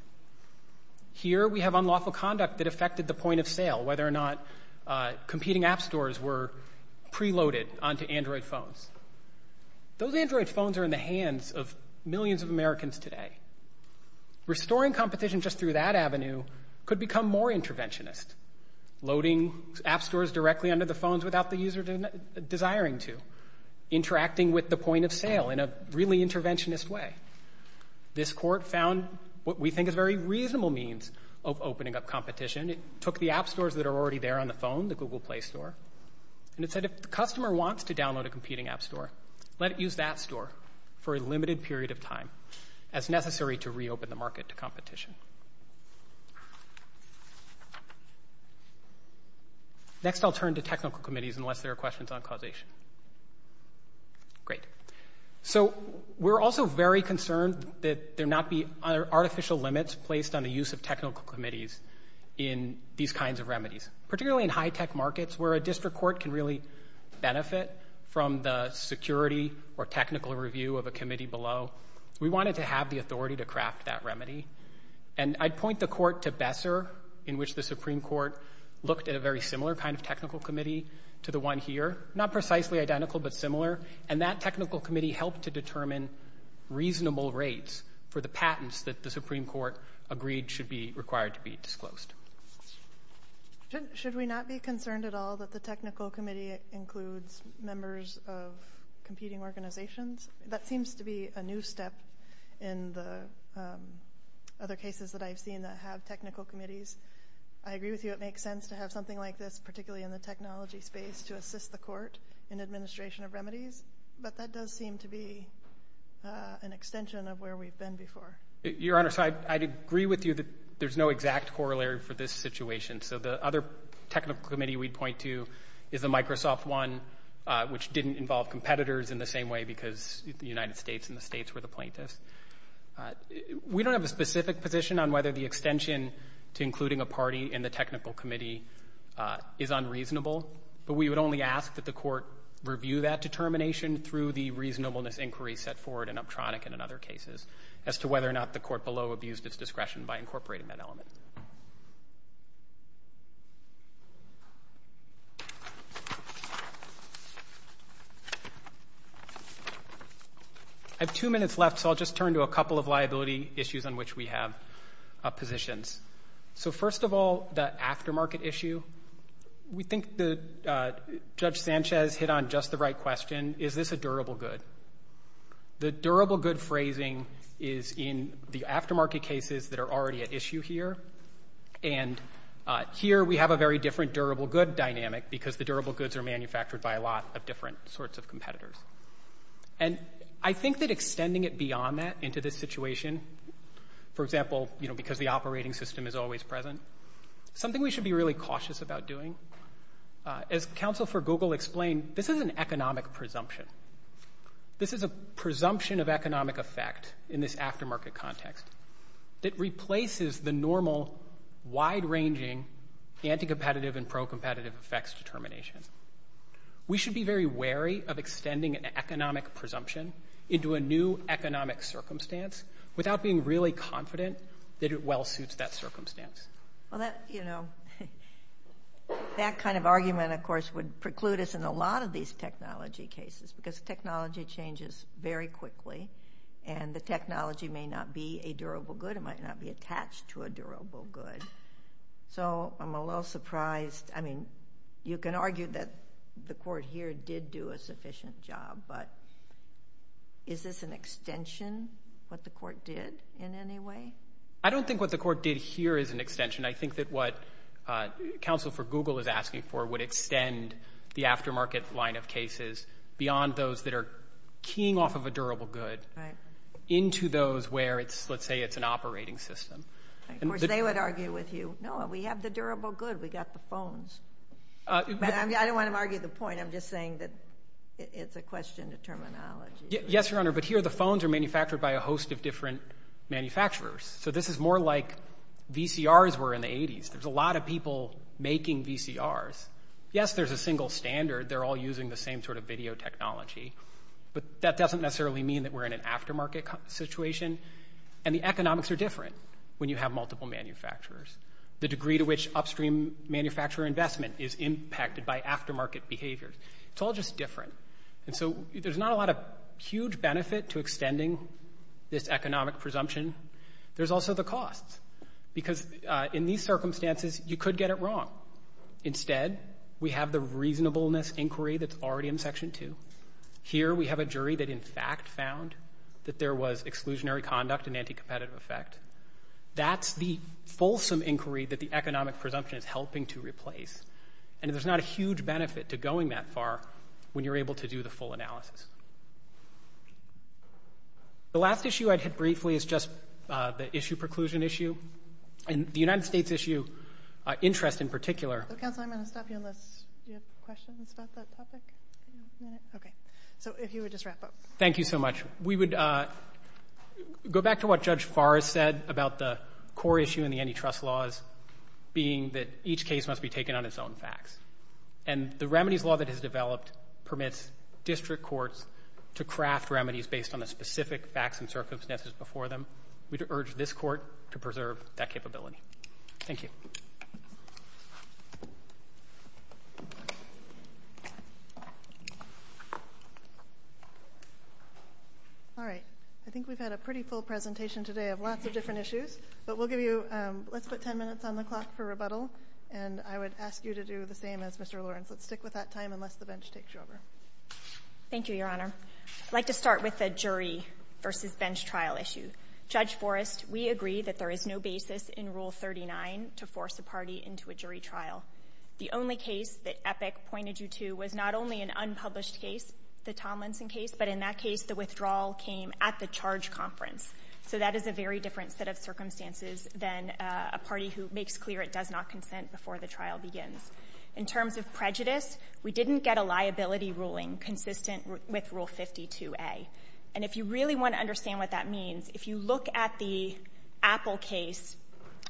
Here, we have unlawful conduct that affected the point of sale, whether or not competing app stores were preloaded onto Android phones. Those Android phones are in the hands of millions of Americans today. Restoring competition just through that avenue could become more interventionist, loading app stores directly onto the phones without the user desiring to, interacting with the point of sale in a really interventionist way. This court found what we think is a very reasonable means of opening up competition. It took the app stores that are already there on the phone, the Google Play store, and it said, if the customer wants to download a competing app store, let it use that store for a limited period of time as necessary to reopen the market to competition. Next, I'll turn to technical committees unless there are questions on causation. Great. So we're also very concerned that there not be artificial limits placed on the use of technical committees in these kinds of remedies, particularly in high-tech markets where a district court can really benefit from the security or technical review of a committee below. We wanted to have the authority to craft that remedy. And I'd point the court to Besser in which the Supreme Court looked at a very similar kind of technical committee to the one here. Not precisely identical, but similar. And that technical committee helped to determine reasonable rates for the patents that the Supreme Court agreed should be required to be disclosed. Should we not be concerned at all that the technical committee includes members of competing organizations? That seems to be a new step in the other cases that I've seen that have technical committees. I agree with you, it makes sense to have something like this particularly in the technology space to assist the court in administration of remedies. But that does seem to be an extension of where we've been before. Your Honor, I'd agree with you that there's no exact corollary for this situation. So the other technical committee we'd point to is the Microsoft one which didn't involve competitors in the same way because the United States and the states were the plaintiffs. We don't have a specific position on whether the extension to including a party in the technical committee is unreasonable, but we would only ask that the court review that determination through the reasonableness inquiry set forward in Uptronic and in other cases as to whether or not the court below abused its discretion by incorporating that element. I have two minutes left so I'll just turn to a couple of liability issues on which we have positions. So first of all, the aftermarket issue. We think that Judge Sanchez hit on just the right question. Is this a durable good? The durable good phrasing is in the aftermarket cases that are already at issue here. And here we have a very different durable good dynamic because the durable goods are manufactured by a lot of different sorts of competitors. And I think that extending it beyond that into this situation for example because the operating system is always present is something we should be really cautious about doing. As counsel for Google explained, this is an economic presumption. This is a presumption of economic effect in this aftermarket context. It replaces the normal wide-ranging anti-competitive and pro-competitive effects determination. We should be very wary of extending an economic presumption into a new economic circumstance without being really confident that it well suits that circumstance. That kind of argument of course would preclude us in a lot of these technology cases because technology changes very quickly and the technology may not be a durable good. It might not be attached to a durable good. So I'm a little surprised. You can argue that the court here did do a sufficient job but is this an extension of what the court did in any way? I don't think what the court did here is an extension. I think that what counsel for Google is asking for would extend the aftermarket line of cases beyond those that are keying off of a durable good into those where let's say it's an operating system. They would argue with you. No, we have the durable good. We've got the phones. I don't want to argue the point. I'm just saying that it's a question of terminology. Yes, Your Honor, but here the phones are manufactured by a host of different manufacturers. So this is more like VCRs were in the 80s. There's a lot of people making VCRs. Yes, there's a single standard. They're all using the same sort of video technology. But that doesn't necessarily mean that we're in an aftermarket situation. And the economics are different when you have multiple manufacturers. The degree to which upstream manufacturer investment is impacted by aftermarket behavior. It's all just different. And so there's not a lot of huge benefit to extending this economic presumption. There's also the cost. Because in these circumstances, you could get it wrong. Instead, we have the reasonableness inquiry that's already in Section 2. Here we have a jury that in fact found that there was exclusionary conduct and anti-competitive effect. That's the fulsome inquiry that the economic presumption is helping to replace. And there's not a huge benefit to going that far when you're able to do the full analysis. The last issue I'd hit briefly is just the issue preclusion issue. And the United States issue interest in particular... Counselor, I'm going to stop you unless you have questions about that topic. Okay. So if you would just wrap up. Thank you so much. We would go back to what Judge Barr said about the core issue in the antitrust laws being that each case must be taken on its own facts. And the remedies law that has developed permits district courts to craft remedies based on the specific facts and circumstances before them. We'd urge this court to preserve that capability. Thank you. All right. I think we've had a pretty full presentation today of lots of different issues. Let's put 10 minutes on the clock for rebuttal. And I would ask you to do the same as Mr. Lawrence. Let's stick with that time unless the bench takes you over. Thank you, Your Honor. I'd like to start with the jury versus bench trial issue. Judge Forrest, we agree that there is no basis in Rule 39 to force the party into a jury trial. The only case that Epic pointed you to was not only an unpublished case, the Tomlinson case, but in that case, the withdrawal came at the charge conference. So that is a very different set of circumstances than a party who makes clear it does not consent before the trial begins. In terms of prejudice, we didn't get a liability ruling consistent with Rule 52A. And if you really want to understand what that means, if you look at the Apple case,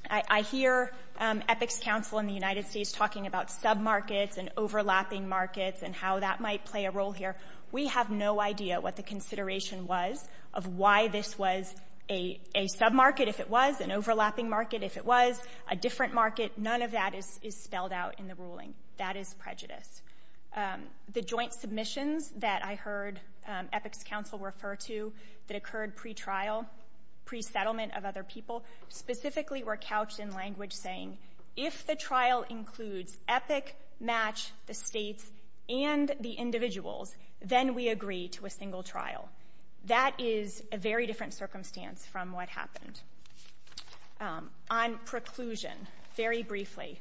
I hear Epic's counsel in the United States talking about sub-markets and overlapping markets and how that might play a role here. We have no idea what the consideration was of why this was a sub-market if it was, an overlapping market if it was, a different market. None of that is spelled out in the ruling. That is prejudice. The joint submissions that I heard Epic's counsel refer to that occurred pre-trial, pre-settlement of other people, specifically were couched in language saying, if the trial includes Epic, Match, the states, and the individuals, then we agree to a single trial. That is a very different circumstance from what happened. On preclusion, very briefly,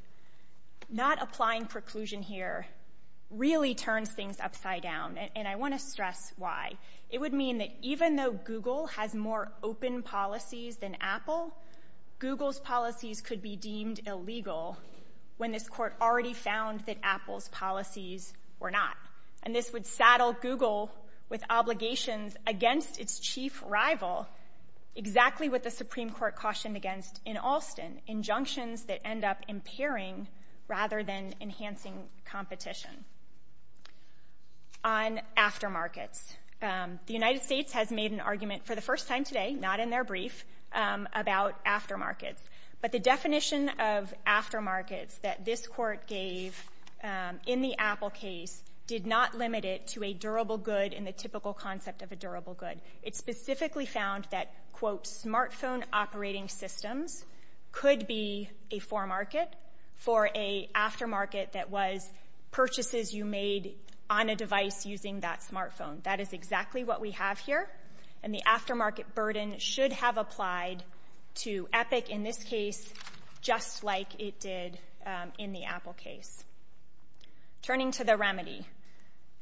not applying preclusion here really turns things upside down, and I want to stress why. It would mean that even though Google has more open policies than Apple, Google's policies could be deemed illegal when this court already found that Apple's policies were not. And this would saddle Google with obligations against its chief rival exactly what the Supreme Court cautioned against in Alston, injunctions that end up impairing rather than enhancing competition. On aftermarkets, the United States has made an argument for the first time today, not in their brief, about aftermarkets. But the definition of aftermarkets that this court gave in the Apple case did not limit it to a durable good in the typical concept of a durable good. It specifically found that, quote, smartphone operating systems could be a foremarket for an aftermarket that was purchases you made on a device using that smartphone. That is exactly what we have here, and the aftermarket burden should have applied to Epic in this case just like it did in the Apple case. Turning to the remedy.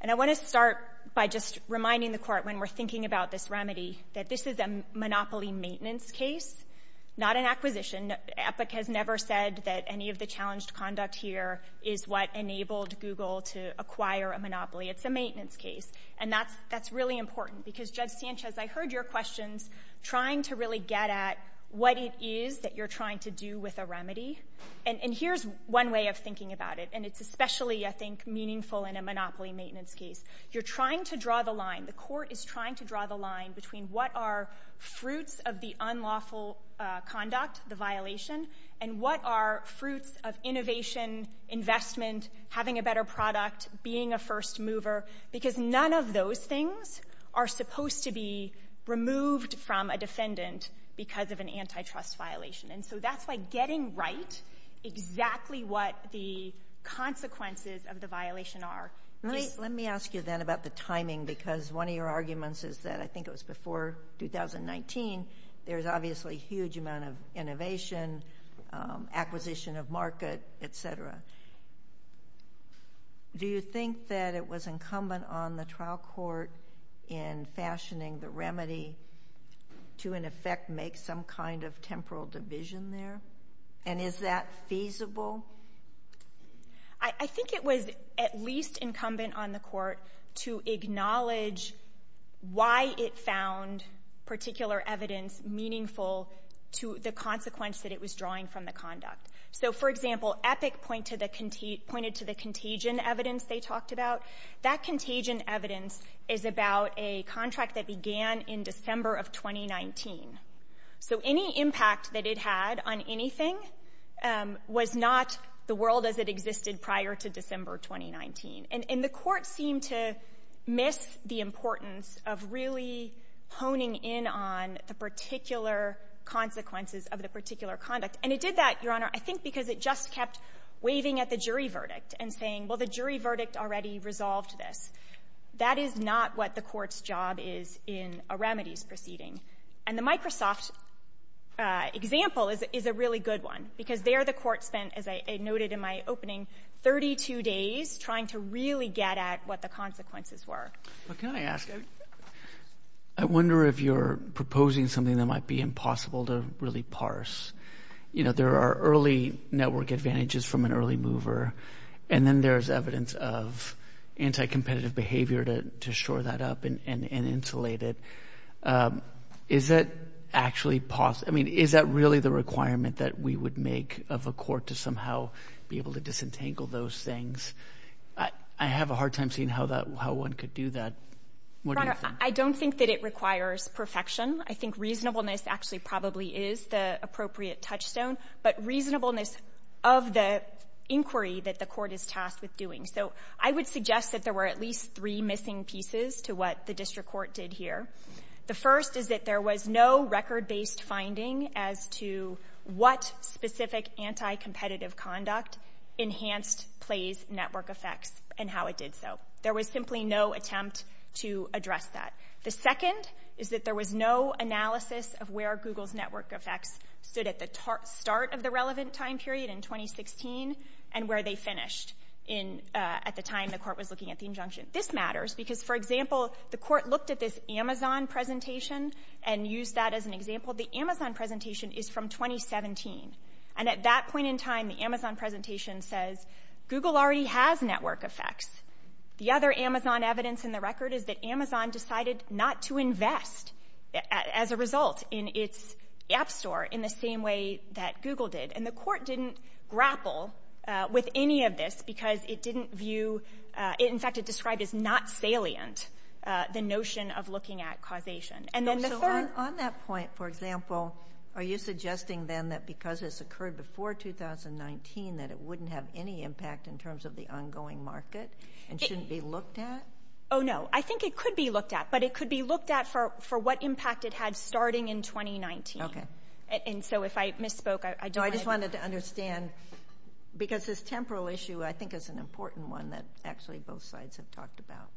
And I want to start by just reminding the court when we're thinking about this remedy that this is a monopoly maintenance case, not an acquisition. Epic has never said that any of the challenged conduct here is what enabled Google to acquire a monopoly. It's a maintenance case, and that's really important because, Judge Sanchez, I heard your questions trying to really get at what it is that you're trying to do with a remedy. And here's one way of thinking about it, and it's especially, I think, meaningful in a monopoly maintenance case. You're trying to draw the line, the court is trying to draw the line between what are fruits of the unlawful conduct, the violation, and what are fruits of innovation, investment, having a better product, being a first mover, because none of those things are supposed to be removed from a defendant because of an antitrust violation. And so that's like getting right exactly what the consequences of the violation are. Let me ask you then about the timing, because one of your arguments is that, I think it was before 2019, there's obviously a huge amount of innovation, acquisition of market, etc. Do you think that it was incumbent on the trial court in fashioning the remedy to, in effect, make some kind of temporal division there? And is that feasible? I think it was at least incumbent on the court to acknowledge why it found particular evidence meaningful to the consequence that it was drawing from the conduct. So, for example, Epic pointed to the contagion evidence they talked about. That contagion evidence is about a contract that began in December of 2019. So any impact that it had on anything was not the world as it existed prior to December 2019. And the court seemed to miss the importance of really honing in on the particular consequences of the particular conduct. And it did that, Your Honor, I think because it just kept waving at the jury verdict and saying, well, the jury verdict already resolved this. That is not what the court's job is in a remedies proceeding. And the Microsoft example is a really good one, because there the court spent, as I noted in my opening, 32 days trying to really get at what the consequences were. I wonder if you're proposing something that might be impossible to really parse. There are early network advantages from an early mover, and then there's evidence of anti-competitive behavior to shore that up and insulate it. Is that really the requirement that we would make of a court to somehow be able to disentangle those things? I have a hard time seeing how one could do that. Your Honor, I don't think that it requires perfection. I think reasonableness actually probably is the appropriate touchstone, but reasonableness of the inquiry that the court is tasked with doing. So I would suggest that there were at least three missing pieces to what the district court did here. The first is that there was no record-based finding as to what specific anti-competitive conduct enhanced Play's network effect and how it did so. There was simply no attempt to address that. The second is that there was no analysis of where Google's network effect stood at the start of the relevant time period in 2016 and where they finished at the time the court was looking at the injunction. This matters, because, for example, the court looked at this Amazon presentation and used that as an example. The Amazon presentation is from 2017, and at that point in time the Amazon presentation says, Google already has network effects. The other Amazon evidence in the record is that Amazon decided not to invest as a result in its app store in the same way that Google did, and the court didn't grapple with any of this because it didn't view... the notion of looking at causation. On that point, for example, are you suggesting, then, that because it's occurred before 2019 that it wouldn't have any impact in terms of the ongoing market and shouldn't be looked at? Oh, no. I think it could be looked at, but it could be looked at for what impact it had starting in 2019. I just wanted to understand, because this temporal issue I think is an important one that actually both sides have talked about.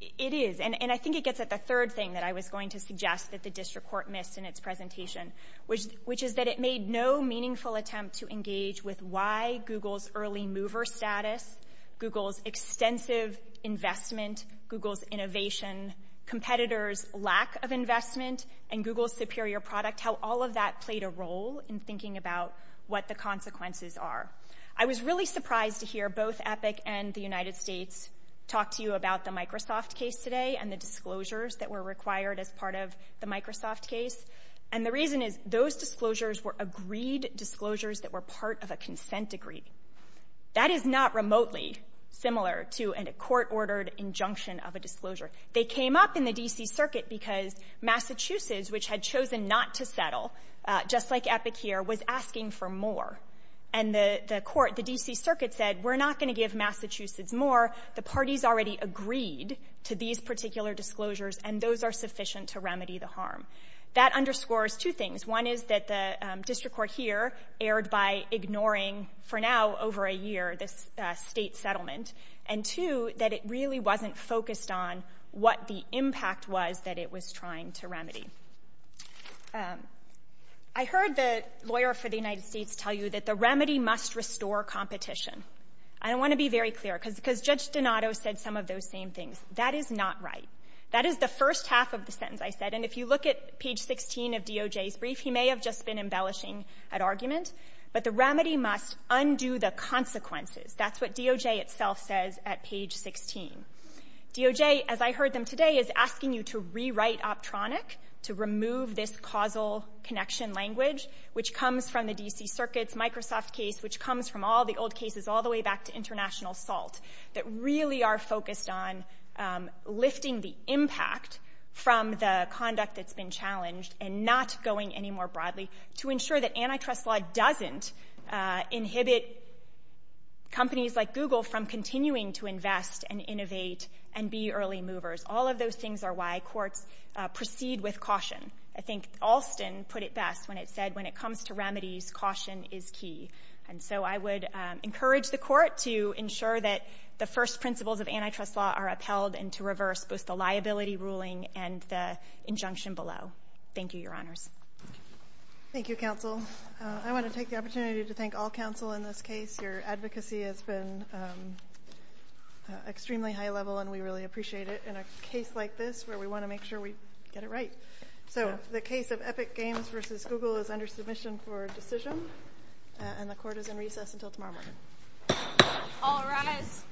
It is, and I think it gets at the third thing that I was going to suggest that the district court missed in its presentation, which is that it made no meaningful attempt to engage with why Google's early mover status, Google's extensive investment, Google's innovation, competitors' lack of investment, and Google's superior product, how all of that played a role in thinking about what the consequences are. I was really surprised to hear both EPIC and the United States talk to you about the Microsoft case today and the disclosures that were required as part of the Microsoft case, and the reason is those disclosures were agreed disclosures that were part of a consent decree. That is not remotely similar to a court-ordered injunction of a disclosure. They came up in the D.C. Circuit because Massachusetts, which had chosen not to settle, just like EPIC here, was asking for more, and the court, the D.C. Circuit said, we're not going to give Massachusetts more. The parties already agreed to these particular disclosures, and those are sufficient to remedy the harm. That underscores two things. One is that the district court here erred by ignoring, for now, over a year this state settlement, and two, that it really wasn't focused on what the impact was that it was trying to remedy. I heard the lawyer for the United States tell you that the remedy must restore competition. I want to be very clear, because Judge Donato said some of those same things. That is not right. That is the first half of the sentence I said, and if you look at page 16 of DOJ's brief, he may have just been embellishing an argument, but the remedy must undo the consequences. That's what DOJ itself says at page 16. DOJ, as I heard them today, is asking you to rewrite Optronic, to remove this causal connection language, which comes from the D.C. Circuit's Microsoft case, which comes from all the old cases all the way back to international assault, that really are focused on lifting the impact from the conduct that's been challenged and not going any more broadly to ensure that antitrust law doesn't inhibit companies like Google from continuing to invest and innovate and be early movers. All of those things are why courts proceed with caution. I think Alston put it best when it said, when it comes to remedies, caution is key. And so I would encourage the court to ensure that the first principles of antitrust law are upheld and to reverse both the liability ruling and the injunction below. Thank you, Your Honors. Thank you, Counsel. I want to take the opportunity to thank all counsel in this case. Your advocacy has been extremely high level and we really appreciate it in a case like this where we want to make sure we get it right. So the case of Epic Games v. Google is under submission for decision and the court is in recess until tomorrow morning. All rise.